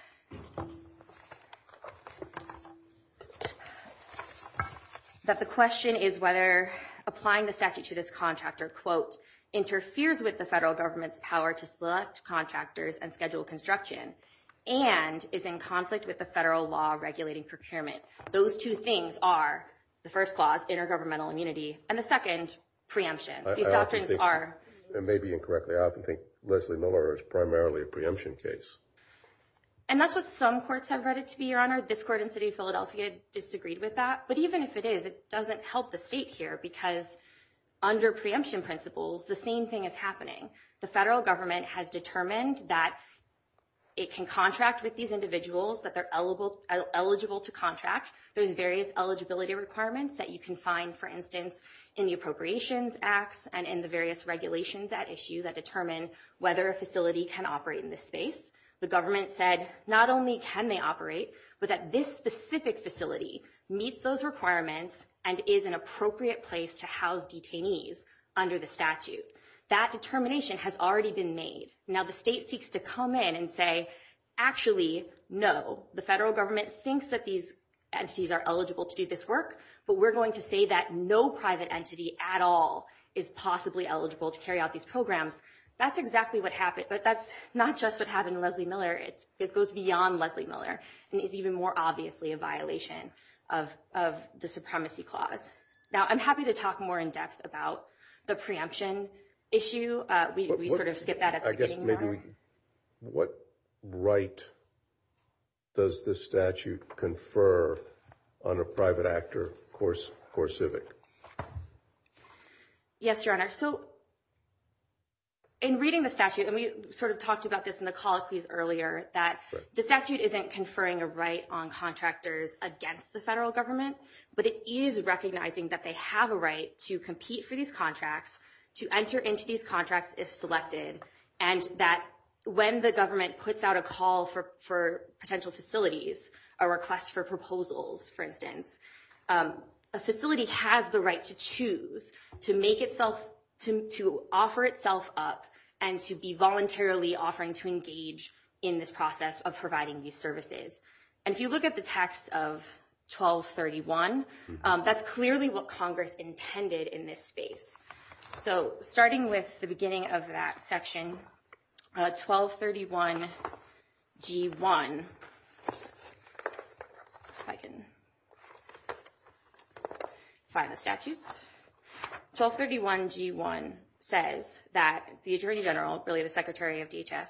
that the question is whether applying the statute to this contractor, quote, interferes with the federal government's power to select contractors and schedule construction and is in conflict with the federal law regulating procurement. Those two things are, the first clause, intergovernmental immunity, and the second, preemption. I often think, and maybe incorrectly, I often think Leslie Miller is primarily a preemption case. And that's what some courts have read it to be, Your Honor. This court in the city of Philadelphia disagreed with that, but even if it is, it doesn't help the state here because under preemption principles, the same thing is happening. The federal government has determined that it can contract with these individuals that they're eligible to contract. There's various eligibility requirements that you can find, for instance, in the Appropriations Act and in the various regulations at issue that determine whether a facility can operate in this space. The government said not only can they operate, but that this specific facility meets those requirements and is an appropriate place to house detainees under the statute. That determination has already been made. Now, the state seeks to come in and say, actually, no, the federal government thinks that these entities are eligible to do this work, but we're going to say that no private entity at all is possibly eligible to carry out these programs. That's exactly what happened, but that's not just what happened in Leslie Miller. It goes beyond Leslie Miller and is even more obviously a violation of the Supremacy Clause. Now, I'm happy to talk more in depth about the preemption issue. We sort of skipped that at the beginning, Your Honor. I guess maybe what right does this statute confer on a private actor or civic? Yes, Your Honor. So in reading the statute, and we sort of talked about this in the call, please, earlier, that the statute isn't conferring a right on contractors against the federal government, but it is recognizing that they have a right to compete for these contracts, to enter into these contracts if selected, and that when the government puts out a call for potential facilities, a request for proposals, for instance, a facility has the right to choose to offer itself up and to be voluntarily offering to engage in this process of providing these services. And if you look at the text of 1231, that's clearly what Congress intended in this space. So starting with the beginning of that section, 1231-G-1, if I can find the statute. 1231-G-1 says that the Attorney General, really the Secretary of DHS,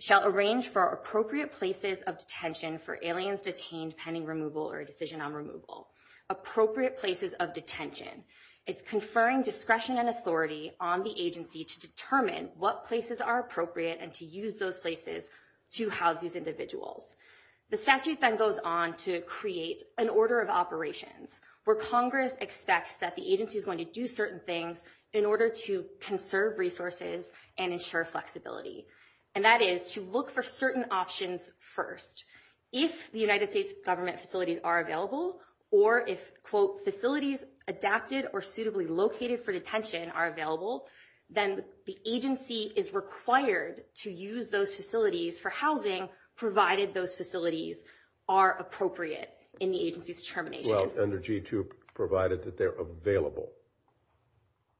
shall arrange for appropriate places of detention for aliens detained pending removal or a decision on removal. Appropriate places of detention. It's conferring discretion and authority on the agency to determine what places are appropriate and to use those places to house these individuals. The statute then goes on to create an order of operations where Congress expects that the agency is going to do certain things in order to conserve resources and ensure flexibility, and that is to look for certain options first. If the United States government facilities are available or if, quote, facilities adapted or suitably located for detention are available, then the agency is required to use those facilities for housing provided those facilities are appropriate in the agency's determination. Well, under G-2 provided that they're available.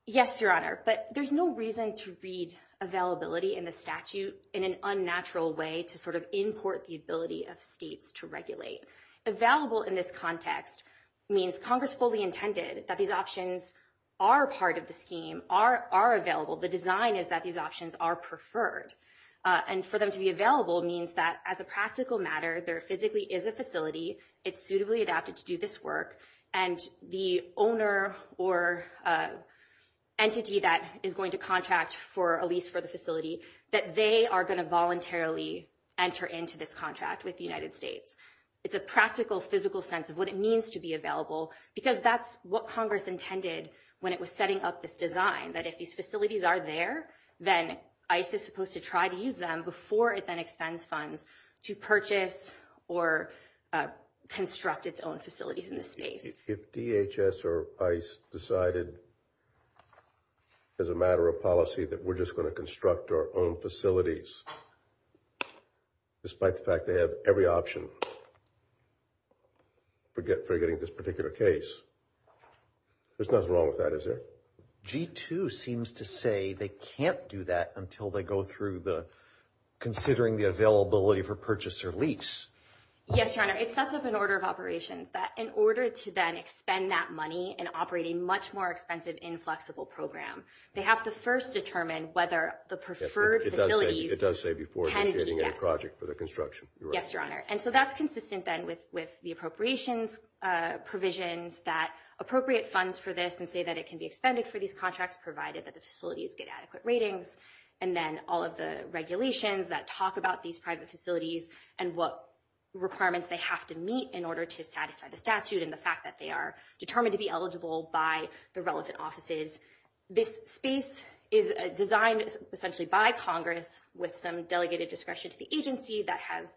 Yes, Your Honor, but there's no reason to read availability in the statute in an unnatural way to sort of import the ability of states to regulate. Available in this context means Congress fully intended that these options are part of the scheme, are available. The design is that these options are preferred, and for them to be available means that as a practical matter, there physically is a facility. It's suitably adapted to do this work, and the owner or entity that is going to contract for a lease for the facility, that they are going to voluntarily enter into this contract with the United States. It's a practical, physical sense of what it means to be available because that's what Congress intended when it was setting up this design, that if these facilities are there, then ICE is supposed to try to use them before it then expends funds to purchase or construct its own facilities in the state. If DHS or ICE decided as a matter of policy that we're just going to construct our own facilities, despite the fact they have every option for getting this particular case, there's nothing wrong with that, is there? G2 seems to say they can't do that until they go through the considering the availability for purchase or lease. Yes, Your Honor. It sets up an order of operations that in order to then expend that money and operate a much more expensive inflexible program, they have to first determine whether the preferred facility... It does say before getting a project for the construction. Yes, Your Honor. And so that's consistent then with the appropriations provisions that appropriate funds for this and say that it can be expended for these contracts provided that the facilities get adequate ratings and then all of the regulations that talk about these private facilities and what requirements they have to meet in order to satisfy the statute and the fact that they are determined to be eligible by the relevant offices. This space is designed essentially by Congress with some delegated discretion to the agency that has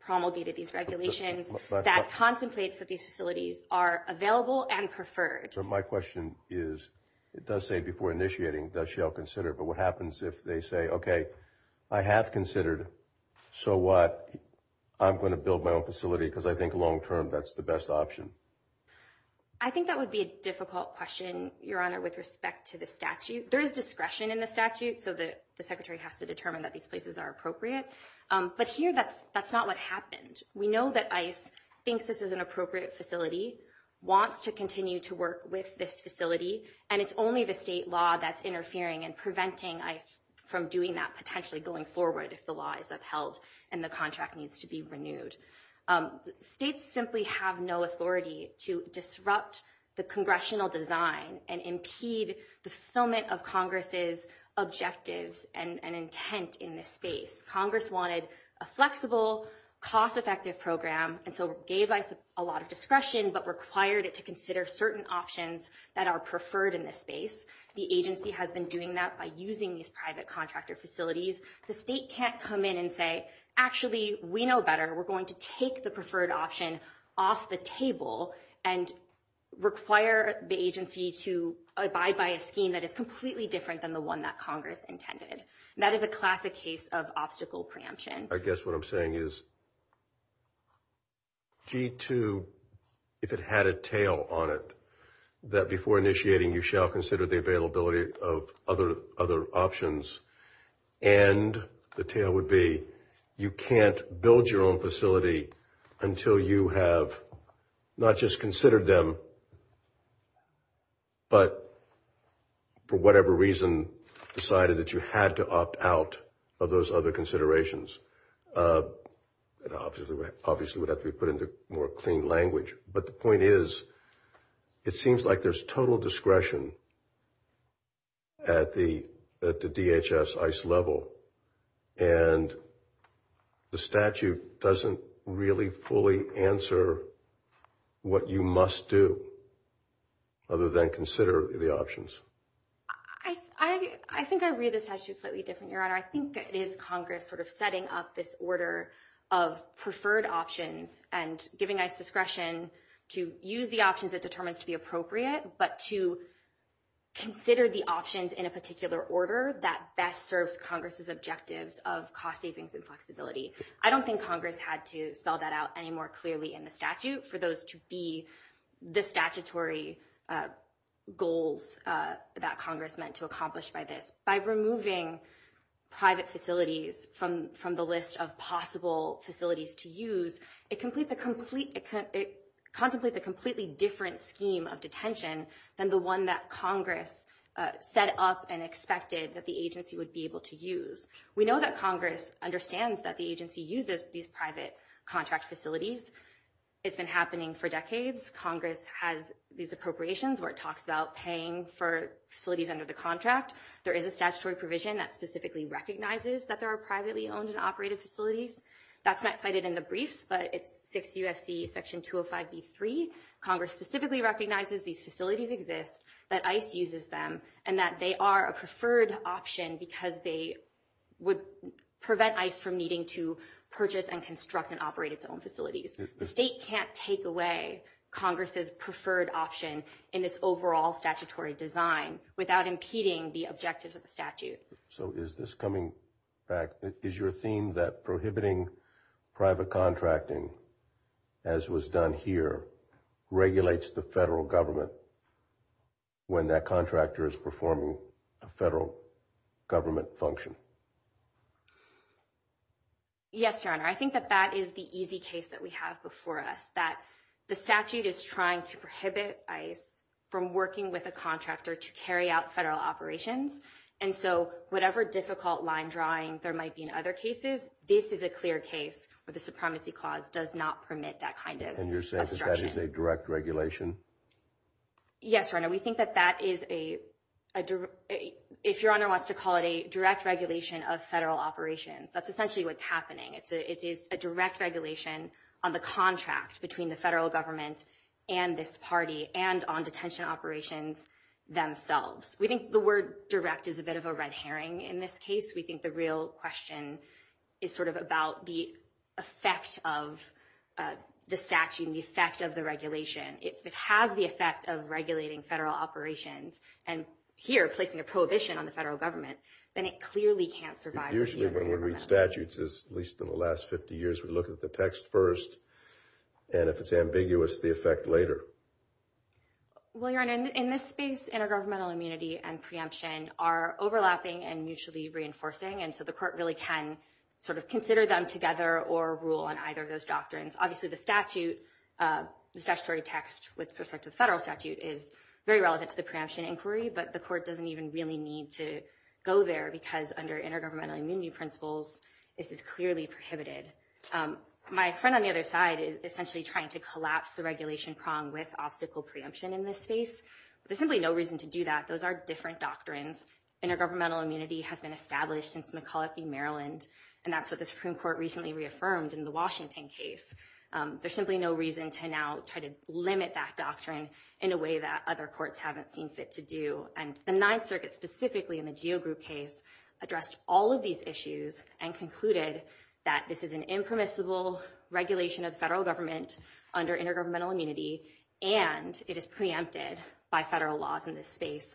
promulgated these regulations that contemplates that these facilities are available and preferred. So my question is, it does say before initiating, that shall consider, but what happens if they say, okay, I have considered, so what? I'm going to build my own facility because I think long-term that's the best option. I think that would be a difficult question, Your Honor, with respect to the statute. There is discretion in the statute, so the Secretary has to determine that these places are appropriate. But here, that's not what happens. We know that ICE thinks this is an appropriate facility, wants to continue to work with this facility, and it's only the state law that's interfering and preventing ICE from doing that, potentially going forward if the law is upheld and the contract needs to be renewed. States simply have no authority to disrupt the congressional design and impede the fulfillment of Congress's objectives and intent in this space. Congress wanted a flexible, cost-effective program, and so gave ICE a lot of discretion but required it to consider certain options that are preferred in this space. The agency has been doing that by using these private contractor facilities. The state can't come in and say, actually, we know better. We're going to take the preferred option off the table and require the agency to abide by a scheme that is completely different than the one that Congress intended. That is a classic case of obstacle preemption. I guess what I'm saying is, G2, if it had a tail on it, that before initiating, you shall consider the availability of other options, and the tail would be, you can't build your own facility until you have not just considered them, but for whatever reason, decided that you had to opt out of those other considerations. It obviously would have to be put into more clean language, but the point is, it seems like there's total discretion at the DHS-ICE level, and the statute doesn't really fully answer what you must do other than consider the options. I think I read the statute slightly different, Your Honor. I think it is Congress sort of setting up this order of preferred options and giving us discretion to use the options it determines to be appropriate, but to consider the options in a particular order that best serves Congress's objectives of cost savings and flexibility. I don't think Congress had to spell that out any more clearly in the statute for those to be the statutory goals that Congress meant to accomplish by this. By removing private facilities from the list of possible facilities to use, it contemplates a completely different scheme of detention than the one that Congress set up and expected that the agency would be able to use. We know that Congress understands that the agency uses these private contract facilities. It's been happening for decades. Congress has these appropriations where it talks about paying for facilities under the contract. There is a statutory provision that specifically recognizes that there are privately owned and operated facilities. That's not cited in the brief, but it's 6 U.S.C. Section 205b3. Congress specifically recognizes these facilities exist, that ICE uses them, and that they are a preferred option because they would prevent ICE from needing to purchase and construct and operate its own facilities. The state can't take away Congress's preferred option in its overall statutory design without impeding the objectives of the statute. So is this coming back? Is your theme that prohibiting private contracting, as was done here, regulates the federal government when that contractor is performing a federal government function? Yes, Your Honor. I think that that is the easy case that we have before us, that the statute is trying to prohibit ICE from working with a contractor to carry out federal operations. And so whatever difficult line drawing there might be in other cases, this is a clear case where the Supremacy Clause does not permit that kind of construction. Is that a direct regulation? Yes, Your Honor. We think that that is a, if Your Honor wants to call it, a direct regulation of federal operations. That's essentially what's happening. It is a direct regulation on the contract between the federal government and this party and on detention operations themselves. We think the word direct is a bit of a red herring in this case. We think the real question is sort of about the effect of the statute and the effect of the regulation. If it has the effect of regulating federal operations and here placing a prohibition on the federal government, then it clearly can't survive. Usually when we read statutes, at least in the last 50 years, we look at the text first, and if it's ambiguous, the effect later. Well, Your Honor, in this space, intergovernmental immunity and preemption are overlapping and mutually reinforcing, and so the court really can sort of consider them together or rule on either of those doctrines. Obviously the statute, the statutory text with respect to federal statute, is very relevant to the preemption inquiry, but the court doesn't even really need to go there because under intergovernmental immunity principles, this is clearly prohibited. My friend on the other side is essentially trying to collapse the regulation prong with obstacle preemption in this space. There's simply no reason to do that. Those are different doctrines. Intergovernmental immunity has been established since McCulloch v. Maryland, and that's what the Supreme Court recently reaffirmed in the Washington case. There's simply no reason to now try to limit that doctrine in a way that other courts haven't been fit to do, and the Ninth Circuit, specifically in the Geo Group case, addressed all of these issues and concluded that this is an impermissible regulation of federal government under intergovernmental immunity, and it is preempted by federal laws in this space.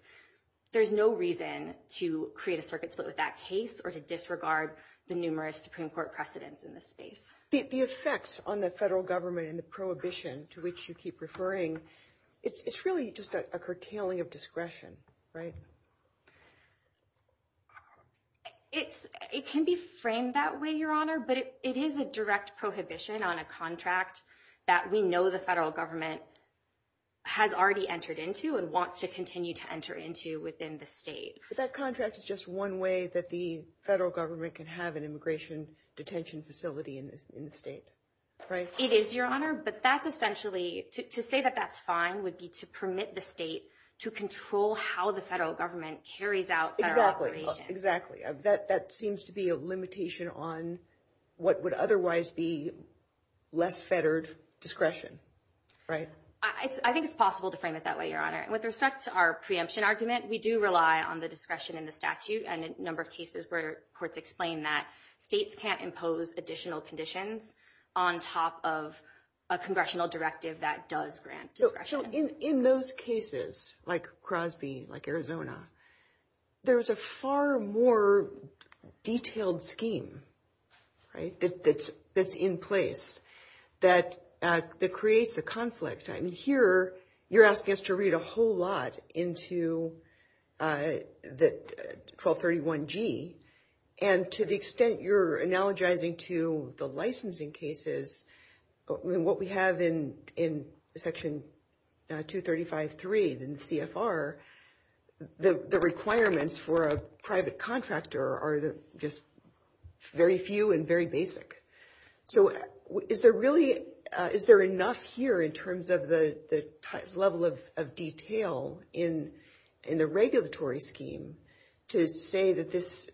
There's no reason to create a circuit split with that case or to disregard the numerous Supreme Court precedents in this space. The effects on the federal government and the prohibition to which you keep referring, it's really just a curtailing of discretion, right? It can be framed that way, Your Honor, but it is a direct prohibition on a contract that we know the federal government has already entered into and wants to continue to enter into within the state. But that contract is just one way that the federal government can have an immigration detention facility in the state, right? It is, Your Honor, but that's essentially... To say that that's fine would be to permit the state to control how the federal government carries out their operations. That seems to be a limitation on what would otherwise be less fettered discretion, right? I think it's possible to frame it that way, Your Honor. With respect to our preemption argument, we do rely on the discretion in the statute and a number of cases where courts explain that states can't impose additional conditions on top of a congressional directive that does grant discretion. In those cases, like Crosby, like Arizona, there's a far more detailed scheme, right, that's in place that creates a conflict. Here, you're asking us to read a whole lot into 1231G, and to the extent you're analogizing to the licensing cases, what we have in Section 235.3 in CFR, the requirements for a private contractor are just very few and very basic. Is there enough here in terms of the level of detail in the regulatory scheme to say that this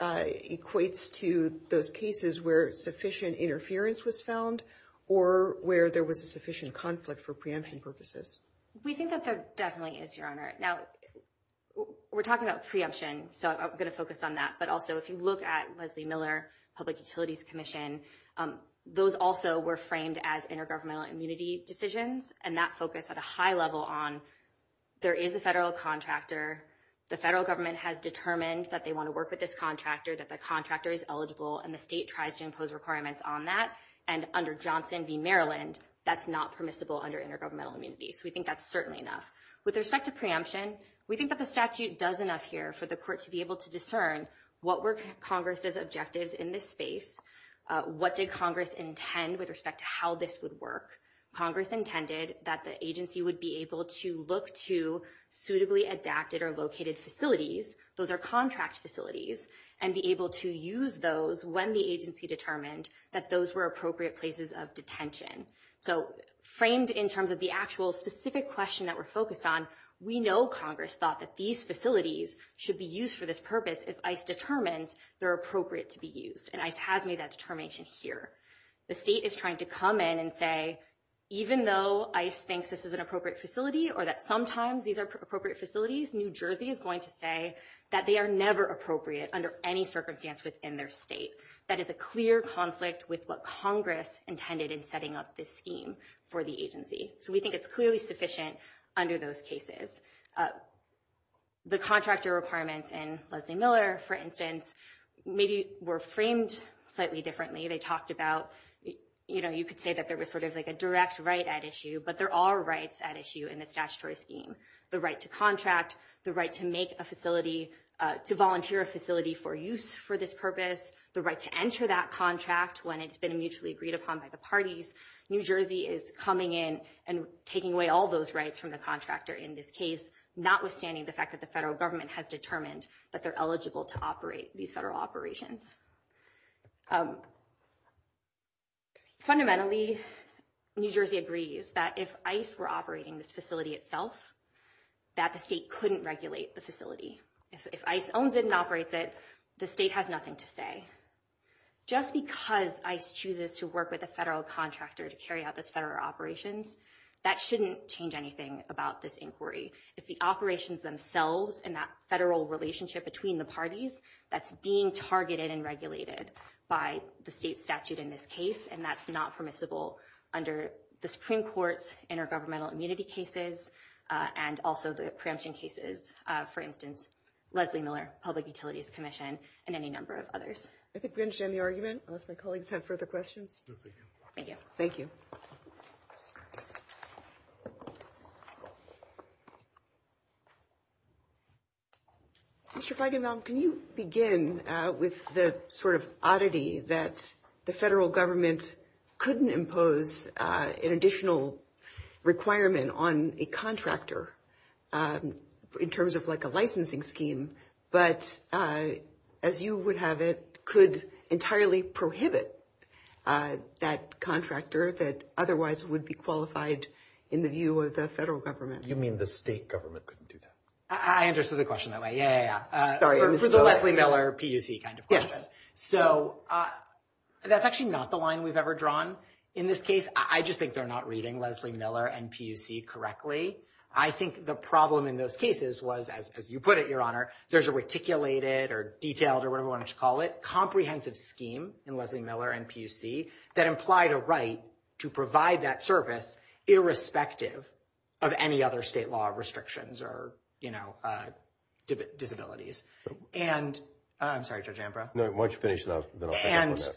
equates to those cases where sufficient interference was found or where there was a sufficient conflict for preemption purposes? We think that there definitely is, Your Honor. Now, we're talking about preemption, so I'm going to focus on that, but also if you look at Leslie Miller Public Utilities Commission, those also were framed as intergovernmental immunity decisions, and that focus at a high level on there is a federal contractor, the federal government has determined that they want to work with this contractor, that the contractor is eligible, and the state tries to impose requirements on that, and under Johnson v. Maryland, that's not permissible under intergovernmental immunity, so we think that's certainly enough. With respect to preemption, we think that the statute does enough here for the court to be able to discern what were Congress's objectives in this space, what did Congress intend with respect to how this would work. Congress intended that the agency would be able to look to suitably adapted or located facilities, those are contract facilities, and be able to use those when the agency determined that those were appropriate places of detention. So framed in terms of the actual specific question that we're focused on, we know Congress thought that these facilities should be used for this purpose if ICE determined they're appropriate to be used, and ICE has made that determination here. The state is trying to come in and say, even though ICE thinks this is an appropriate facility or that sometimes these are appropriate facilities, New Jersey is going to say that they are never appropriate under any circumstance within their state. That is a clear conflict with what Congress intended in setting up this scheme for the agency, so we think it's clearly sufficient under those cases. The contractor requirements in Leslie Miller, for instance, maybe were framed slightly differently. They talked about, you know, you could say that there was sort of like a direct right at issue, but there are rights at issue in this statutory scheme. The right to contract, the right to make a facility, to volunteer a facility for use for this purpose, the right to enter that contract when it's been mutually agreed upon by the parties. New Jersey is coming in and taking away all those rights from the contractor in this case, notwithstanding the fact that the federal government has determined that they're eligible to operate these federal operations. Fundamentally, New Jersey agrees that if ICE were operating this facility itself, that the state couldn't regulate the facility. If ICE owned it and operates it, the state has nothing to say. Just because ICE chooses to work with a federal contractor to carry out this federal operation, that shouldn't change anything about this inquiry. It's the operations themselves and that federal relationship between the parties that's being targeted and regulated by the state statute in this case, and that's not permissible under the Supreme Court's intergovernmental immunity cases and also the preemption cases, for instance, Leslie Miller Public Utilities Commission and any number of others. I think we've finished any argument, unless my colleagues have further questions. Thank you. Thank you. Mr. Feigenbaum, can you begin with the sort of oddity that the federal government couldn't impose an additional requirement on a contractor in terms of like a licensing scheme, but as you would have it, could entirely prohibit that contractor that otherwise would be qualified in the view of the federal government? You mean the state government couldn't do that? I understood the question that way. Yeah, yeah, yeah. Sorry. This is a Leslie Miller PUC kind of question. So that's actually not the line we've ever drawn in this case. I just think they're not reading Leslie Miller and PUC correctly. I think the problem in those cases was, as you put it, Your Honor, there's a reticulated or detailed or whatever you want to call it, comprehensive scheme in Leslie Miller and PUC that implied a right to provide that service irrespective of any other state law restrictions or, you know, disabilities. And I'm sorry, Judge Ambrose. No, why don't you finish that? And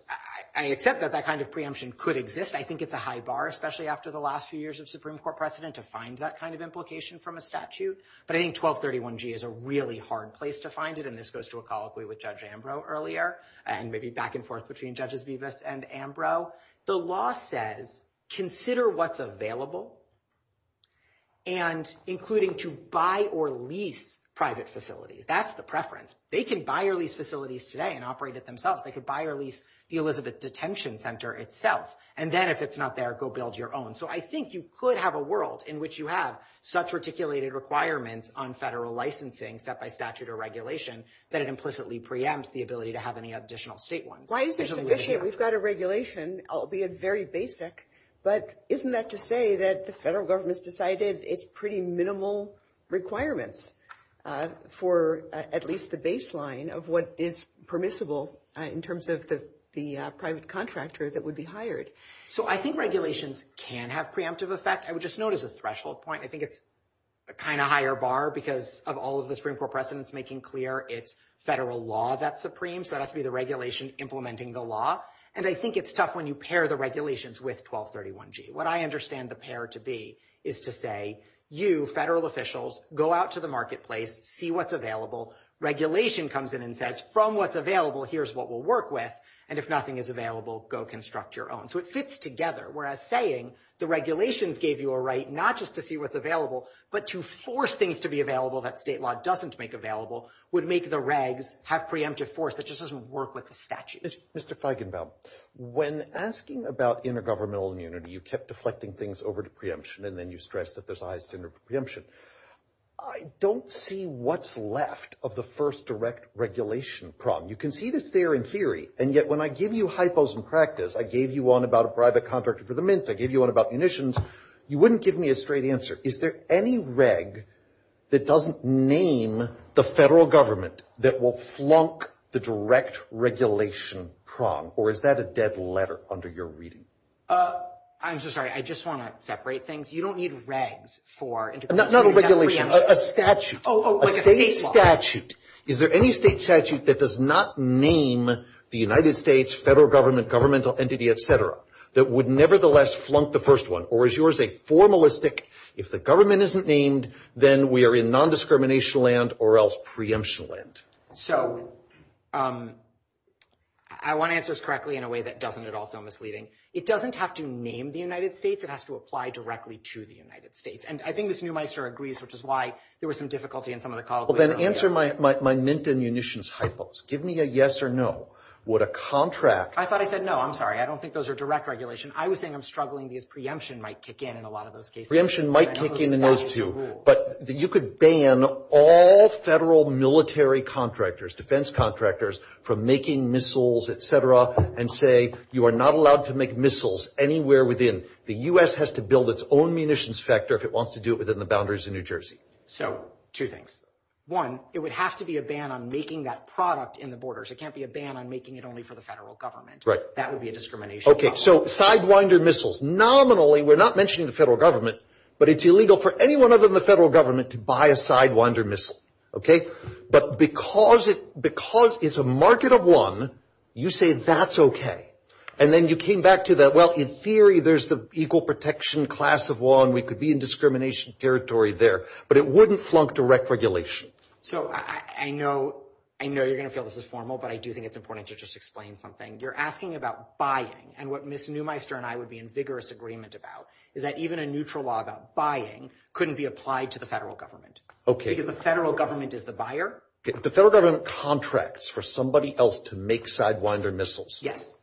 I accept that that kind of preemption could exist. I think it's a high bar, especially after the last few years of Supreme Court precedent to find that kind of implication from a statute. But I think 1231G is a really hard place to find it. And this goes to a colloquy with Judge Ambrose earlier and maybe back and forth between Judges Vivas and Ambrose. The law said, consider what's available and including to buy or lease private facilities. That's the preference. They can buy or lease facilities today and operate it themselves. They could buy or lease the Elizabeth Detention Center itself. And then if it's not there, go build your own. So I think you could have a world in which you have such reticulated requirements on federal licensing set by statute or regulation that it implicitly preempts the ability to have any additional state ones. Why is this sufficient? We've got a regulation, albeit very basic. But isn't that to say that the federal government's decided it's pretty minimal requirements for at least the baseline of what is permissible in terms of the private contractor that would be hired? So I think regulations can have preemptive effect. I would just notice a threshold point. I think it's a kind of higher bar because of all of the Supreme Court precedents making clear it's federal law that's supreme. So it has to be the regulation implementing the law. And I think it's tough when you pair the regulations with 1231G. What I understand the pair to be is to say, you, federal officials, go out to the marketplace, see what's available. Regulation comes in and says, from what's available, here's what we'll work with. And if nothing is available, go construct your own. So it fits together. Whereas saying the regulations gave you a right not just to see what's available, but to force things to be available that state law doesn't make available would make the regs have preemptive force that just doesn't work with the statute. Mr. Feigenbaum, when asking about intergovernmental immunity, you kept deflecting things over to preemption, and then you stressed that there's a high standard for preemption. I don't see what's left of the first direct regulation problem. You can see this there in theory. And yet when I give you hypos in practice, I gave you one about a private contractor for the mints, I gave you one about munitions, you wouldn't give me a straight answer. Is there any reg that doesn't name the federal government that will flunk the direct regulation problem? Or is that a dead letter under your reading? I'm so sorry. I just want to separate things. You don't need regs for intergovernmental preemption. Not a regulation. A statute. A state statute. Is there any state statute that does not name the United States federal government, governmental entity, et cetera, that would nevertheless flunk the first one? Or is yours a formalistic, if the government isn't named, then we are in nondiscrimination land or else preemption land? So I want to answer this correctly in a way that doesn't at all sound misleading. It doesn't have to name the United States. It has to apply directly to the United States. And I think this new mice here agrees, which is why there was some difficulty in some of the calls. Well, then answer my mint and munitions hypos. Give me a yes or no. Would a contract – I thought I said no. I'm sorry. I don't think those are direct regulation. I was saying I'm struggling because preemption might kick in in a lot of those cases. Preemption might kick in in those too. But you could ban all federal military contractors, defense contractors from making missiles, et cetera, and say you are not allowed to make missiles anywhere within – the U.S. has to build its own munitions sector if it wants to do it within the boundaries of New Jersey. So two things. One, it would have to be a ban on making that product in the borders. It can't be a ban on making it only for the federal government. That would be a discrimination. Okay. So sidewinder missiles. Nominally, we're not mentioning the federal government, but it's illegal for anyone other than the federal government to buy a sidewinder missile. Okay? But because it's a market of one, you say that's okay. And then you came back to that, well, in theory, there's the equal protection class of one. We could be in discrimination territory there. But it wouldn't flunk direct regulation. So I know you're going to feel this is formal, but I do think it's important to just explain something. You're asking about buying, and what Ms. Neumeister and I would be in vigorous agreement about is that even a neutral law about buying couldn't be applied to the federal government. Okay. Because the federal government is the buyer. The federal government contracts for somebody else to make sidewinder missiles. Yes.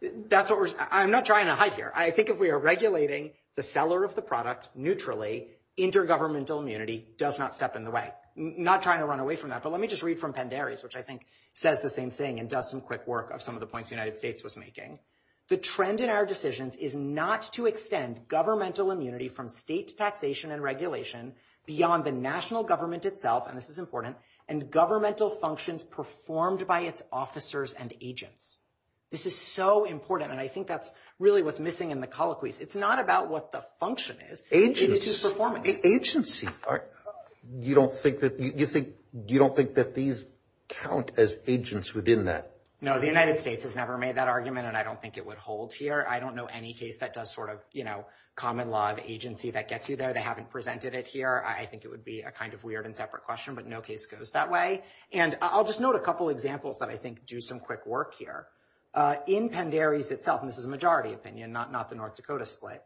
That's what we're – I'm not trying to hide here. I think if we are regulating the seller of the product neutrally, intergovernmental immunity does not step in the way. I'm not trying to run away from that, but let me just read from Pandaria's, which I think says the same thing and does some quick work of some of the points the United States was making. The trend in our decisions is not to extend governmental immunity from state taxation and regulation beyond the national government itself, and this is important, and governmental functions performed by its officers and agents. This is so important, and I think that's really what's missing in the colloquies. It's not about what the function is. Agents perform it. You don't think that these count as agents within that? No, the United States has never made that argument, and I don't think it would hold here. I don't know any case that does sort of common law and agency that gets you there. They haven't presented it here. I think it would be a kind of weird and separate question, but no case goes that way. And I'll just note a couple examples that I think do some quick work here. In Pandaria's itself, and this is a majority opinion, not the North Dakota split,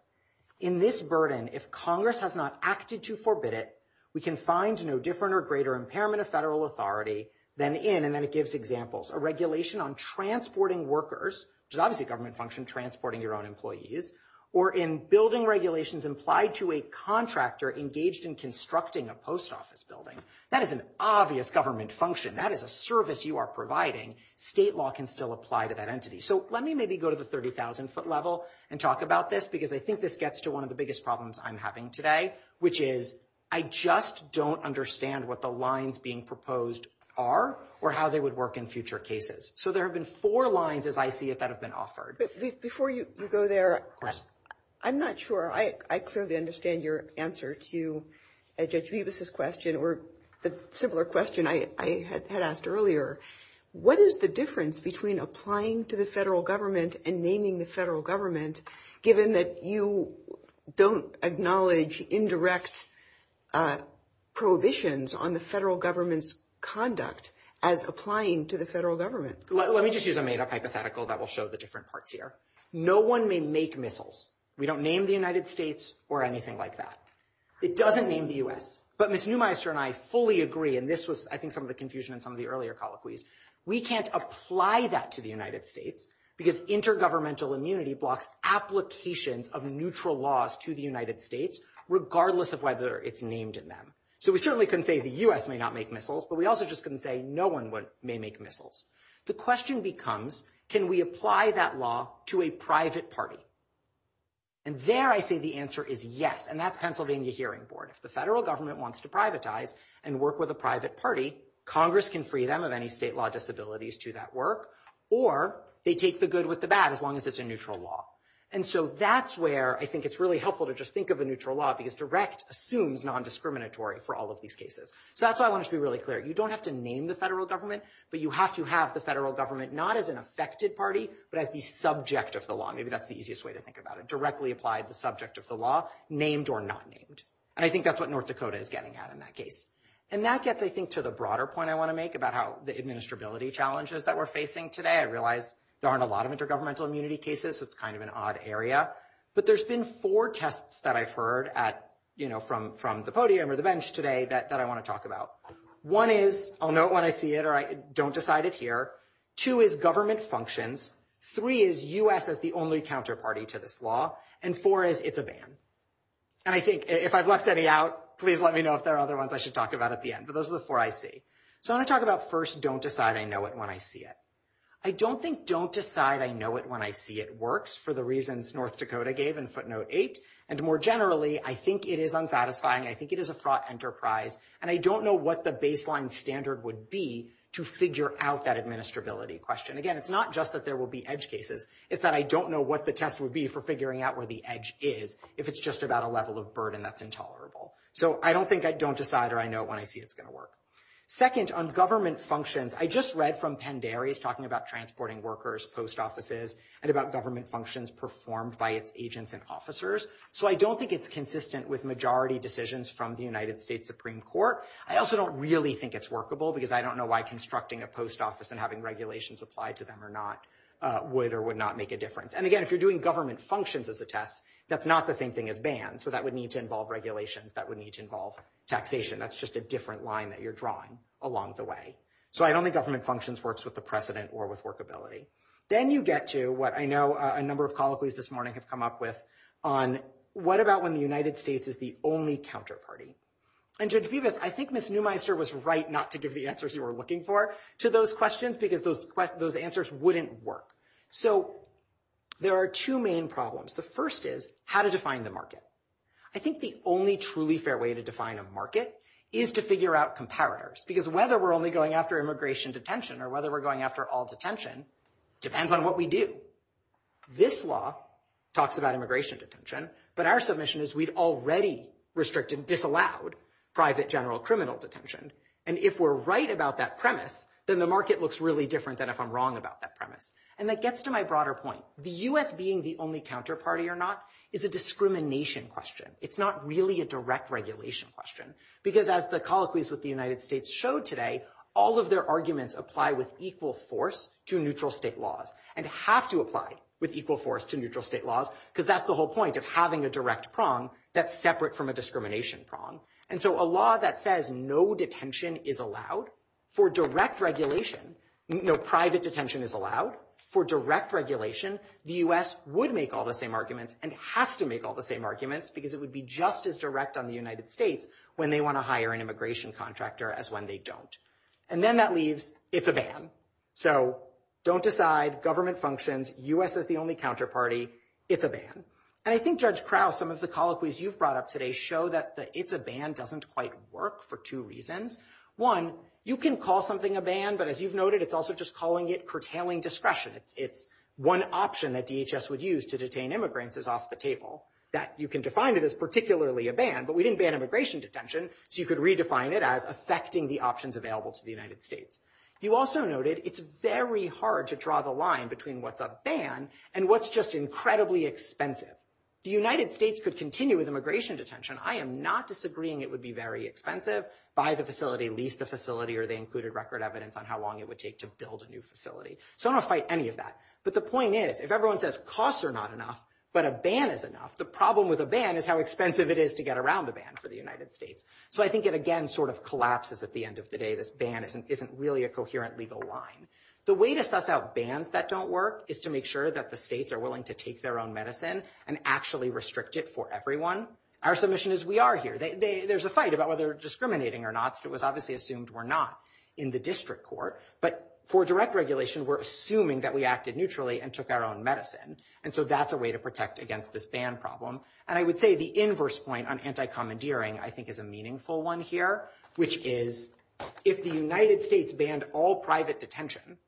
in this burden, if Congress has not acted to forbid it, we can find no different or greater impairment of federal authority than in, and then it gives examples, a regulation on transporting workers, which is obviously a government function, transporting your own employees, or in building regulations implied to a contractor engaged in constructing a post office building. That is an obvious government function. That is a service you are providing. State law can still apply to that entity. So let me maybe go to the 30,000 foot level and talk about this, because I think this gets to one of the biggest problems I'm having today, which is I just don't understand what the lines being proposed are, or how they would work in future cases. So there have been four lines, as I see it, that have been offered. Before you go there, I'm not sure. I clearly understand your answer to Judge Bevis' question, or the similar question I had asked earlier. What is the difference between applying to the federal government and naming the federal government, given that you don't acknowledge indirect prohibitions on the federal government's conduct as applying to the federal government? Let me just use a hypothetical that will show the different parts here. No one may make missiles. We don't name the United States or anything like that. It doesn't name the U.S. But Ms. Neumeister and I fully agree, and this was I think some of the confusion in some of the earlier colloquies, we can't apply that to the United States because intergovernmental immunity blocks applications of neutral laws to the United States, regardless of whether it's named in them. So we certainly couldn't say the U.S. may not make missiles, but we also just couldn't say no one may make missiles. The question becomes, can we apply that law to a private party? And there I see the answer is yes, and that's Pennsylvania Hearing Board. If the federal government wants to privatize and work with a private party, Congress can free them of any state law disabilities to that work, or they take the good with the bad as long as it's a neutral law. And so that's where I think it's really helpful to just think of a neutral law because direct assumes nondiscriminatory for all of these cases. So that's why I wanted to be really clear. You don't have to name the federal government, but you have to have the federal government not as an affected party, but as the subject of the law. Maybe that's the easiest way to think about it. Directly apply the subject of the law, named or not named. And I think that's what North Dakota is getting at in that case. And that gets, I think, to the broader point I want to make about how the administrability challenges that we're facing today. I realize there aren't a lot of intergovernmental immunity cases. It's kind of an odd area, but there's been four tests that I've heard from the podium or the bench today that I want to talk about. One is, I'll note when I see it or I don't decide it here, two is government's functions, three is U.S. as the only counterparty to this law, and four is it's a ban. And I think if I've left any out, please let me know if there are other ones I should talk about at the end. But those are the four I see. So I want to talk about first, don't decide I know it when I see it. I don't think don't decide I know it when I see it works for the reasons North Dakota gave in footnote eight. And more generally, I think it is unsatisfying. I think it is a fraught enterprise. And I don't know what the baseline standard would be to figure out that administrability question. Again, it's not just that there will be edge cases. It's that I don't know what the test would be for figuring out where the edge is, if it's just about a level of burden that's intolerable. So I don't think I don't decide I know it when I see it's going to work. Second, on government functions, I just read from Penn Dairy, it's talking about transporting workers, post offices, and about government functions performed by agents and officers. So I don't think it's consistent with majority decisions from the United States Supreme Court. I also don't really think it's workable, because I don't know why constructing a post office and having regulations applied to them or not would or would not make a difference. And again, if you're doing government functions as a test, that's not the same thing as bans. So that would need to involve regulations. That would need to involve taxation. That's just a different line that you're drawing along the way. So I don't think government functions works with the precedent or with workability. Then you get to what I know a number of colloquies this morning have come up with on what about when the United States is the only counterparty? And to do this, I think Ms. Neumeister was right not to give the answers you were looking for to those questions, because those answers wouldn't work. So there are two main problems. The first is how to define the market. I think the only truly fair way to define a market is to figure out comparators, because whether we're only going after immigration detention or whether we're going after all detention depends on what we do. This law talks about immigration detention, but our submission is we've already restricted and disallowed private general criminal detention. And if we're right about that premise, then the market looks really different than if I'm wrong about that And that gets to my broader point. The U.S. being the only counterparty or not is a discrimination question. It's not really a direct regulation question, because as the colloquies with the United States showed today, all of their arguments apply with equal force to neutral state laws and have to apply with equal force to neutral state laws, because that's the whole point of having a direct prong that's separate from a discrimination prong. And so a law that says no detention is allowed for direct regulation, no private detention is allowed for direct regulation, the U.S. would make all the same arguments and have to make all the same arguments because it would be just as direct on the United States when they want to hire an immigration contractor as when they don't. And then that leaves, it's a ban. So don't decide, government functions, U.S. is the only counterparty, it's a ban. And I think Judge Krause, some of the colloquies you've brought up today show that the it's a ban doesn't quite work for two reasons. One, you can call something a ban, but as you've noted it's also just calling it curtailing discretion. If one option that DHS would use to detain immigrants is off the table, that you can define it as particularly a ban, but we didn't ban immigration detention, so you could redefine it as affecting the options available to the United States. You also noted it's very hard to draw the line between what's a ban and what's just incredibly expensive. The United States could continue with immigration detention. I am not disagreeing it would be very expensive, buy the facility, lease the facility, or they included record evidence on how long it would take to build a new facility. So I don't fight any of that. But the point is, if everyone says costs are not enough, but a ban is enough, the problem with a ban is how expensive it is to get around the ban for the United States. So I think it again sort of collapses at the end of the day, this ban isn't really a coherent legal line. The way to suss out bans that don't work is to make sure that the states are willing to take their own medicine and actually restrict it for everyone. Our submission is we are here. There's a fight about whether they're discriminating or not. So it was obviously assumed we're not in the district court, but for direct regulation, we're assuming that we acted neutrally and took our own medicine. And so that's a way to protect against this ban problem. And I would say the inverse point on anti-commandeering, I think is a meaningful one here, which is if the United States banned all private detention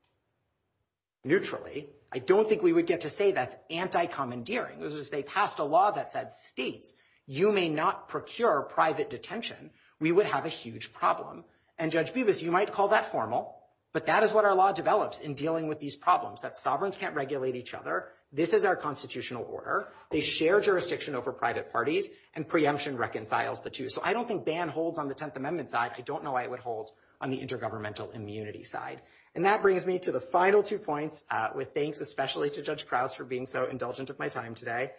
neutrally, I don't think we would get to say that's anti-commandeering. It was just, they passed a law that said, Steve, you may not procure private detention. We would have a huge problem. And Judge Bevis, you might call that formal, but that is what our law develops in dealing with these problems, that sovereigns can't regulate each other. This is our constitutional order. They share jurisdiction over private parties and preemption reconciles the two. So I don't think ban holds on the 10th amendment side. I don't know why it would hold on the intergovernmental immunity side. And that brings me to the final two points with thanks, especially to Judge Krauss for being so indulgent of my time today.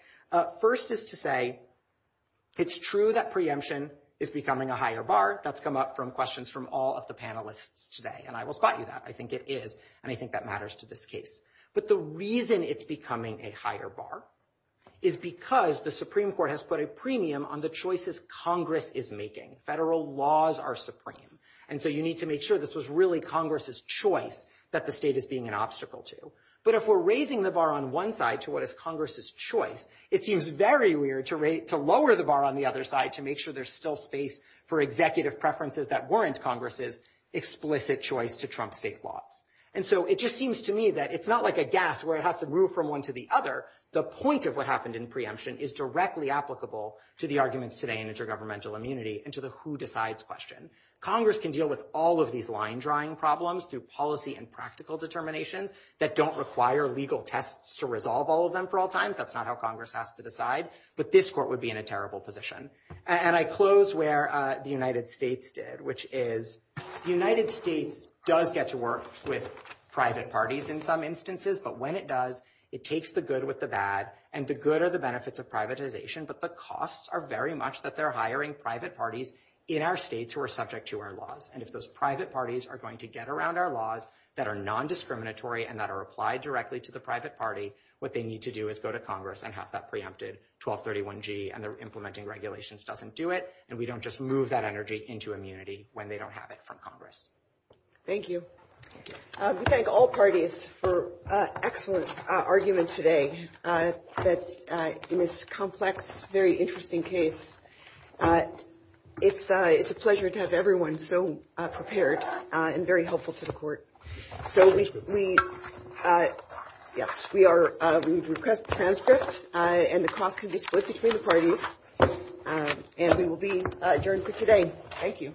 First is to say, it's true that preemption is becoming a higher bar. That's come up from questions from all of the panelists today. And I will spot you that. I think it is. And I think that matters to this case. But the reason it's becoming a higher bar is because the Supreme court has put a premium on the choices Congress is making. Federal laws are supreme. And so you need to make sure this was really Congress's choice that the state is being an obstacle to. But if we're raising the bar on one side to what is Congress's choice, it seems very weird to rate, to lower the bar on the other side to make sure there's still space for executive preferences that warrants Congress's explicit choice to Trump state law. And so it just seems to me that it's not like a gas where it has to move from one to the other. The point of what happened in preemption is directly applicable to the arguments today in intergovernmental immunity and to the who decides question. Congress can deal with all of these line drawing problems through policy and practical determination that don't require legal tests to resolve all of them for all times. That's not how Congress has to decide, but this court would be in a terrible position. And I close where the United States did, which is the United States does get to work with private parties in some instances, but when it does, it takes the good with the bad and the good are the benefits of privatization, but the costs are very much that they're hiring private parties in our states who are subject to our laws. And if those private parties are going to get around our laws that are non-discriminatory and that are applied directly to the private party, what they need to do is go to Congress and have that preempted 1231 G and they're implementing regulations, doesn't do it. And we don't just move that energy into immunity when they don't have it from Congress. Thank you. We thank all parties for excellent arguments today. That is complex, very interesting case. It's a, it's a pleasure to have everyone so prepared and very helpful to the court. So we, we, yes, we are, we've requested transcripts and the cost of disclosures for the parties and we will be adjourned for today. Thank you.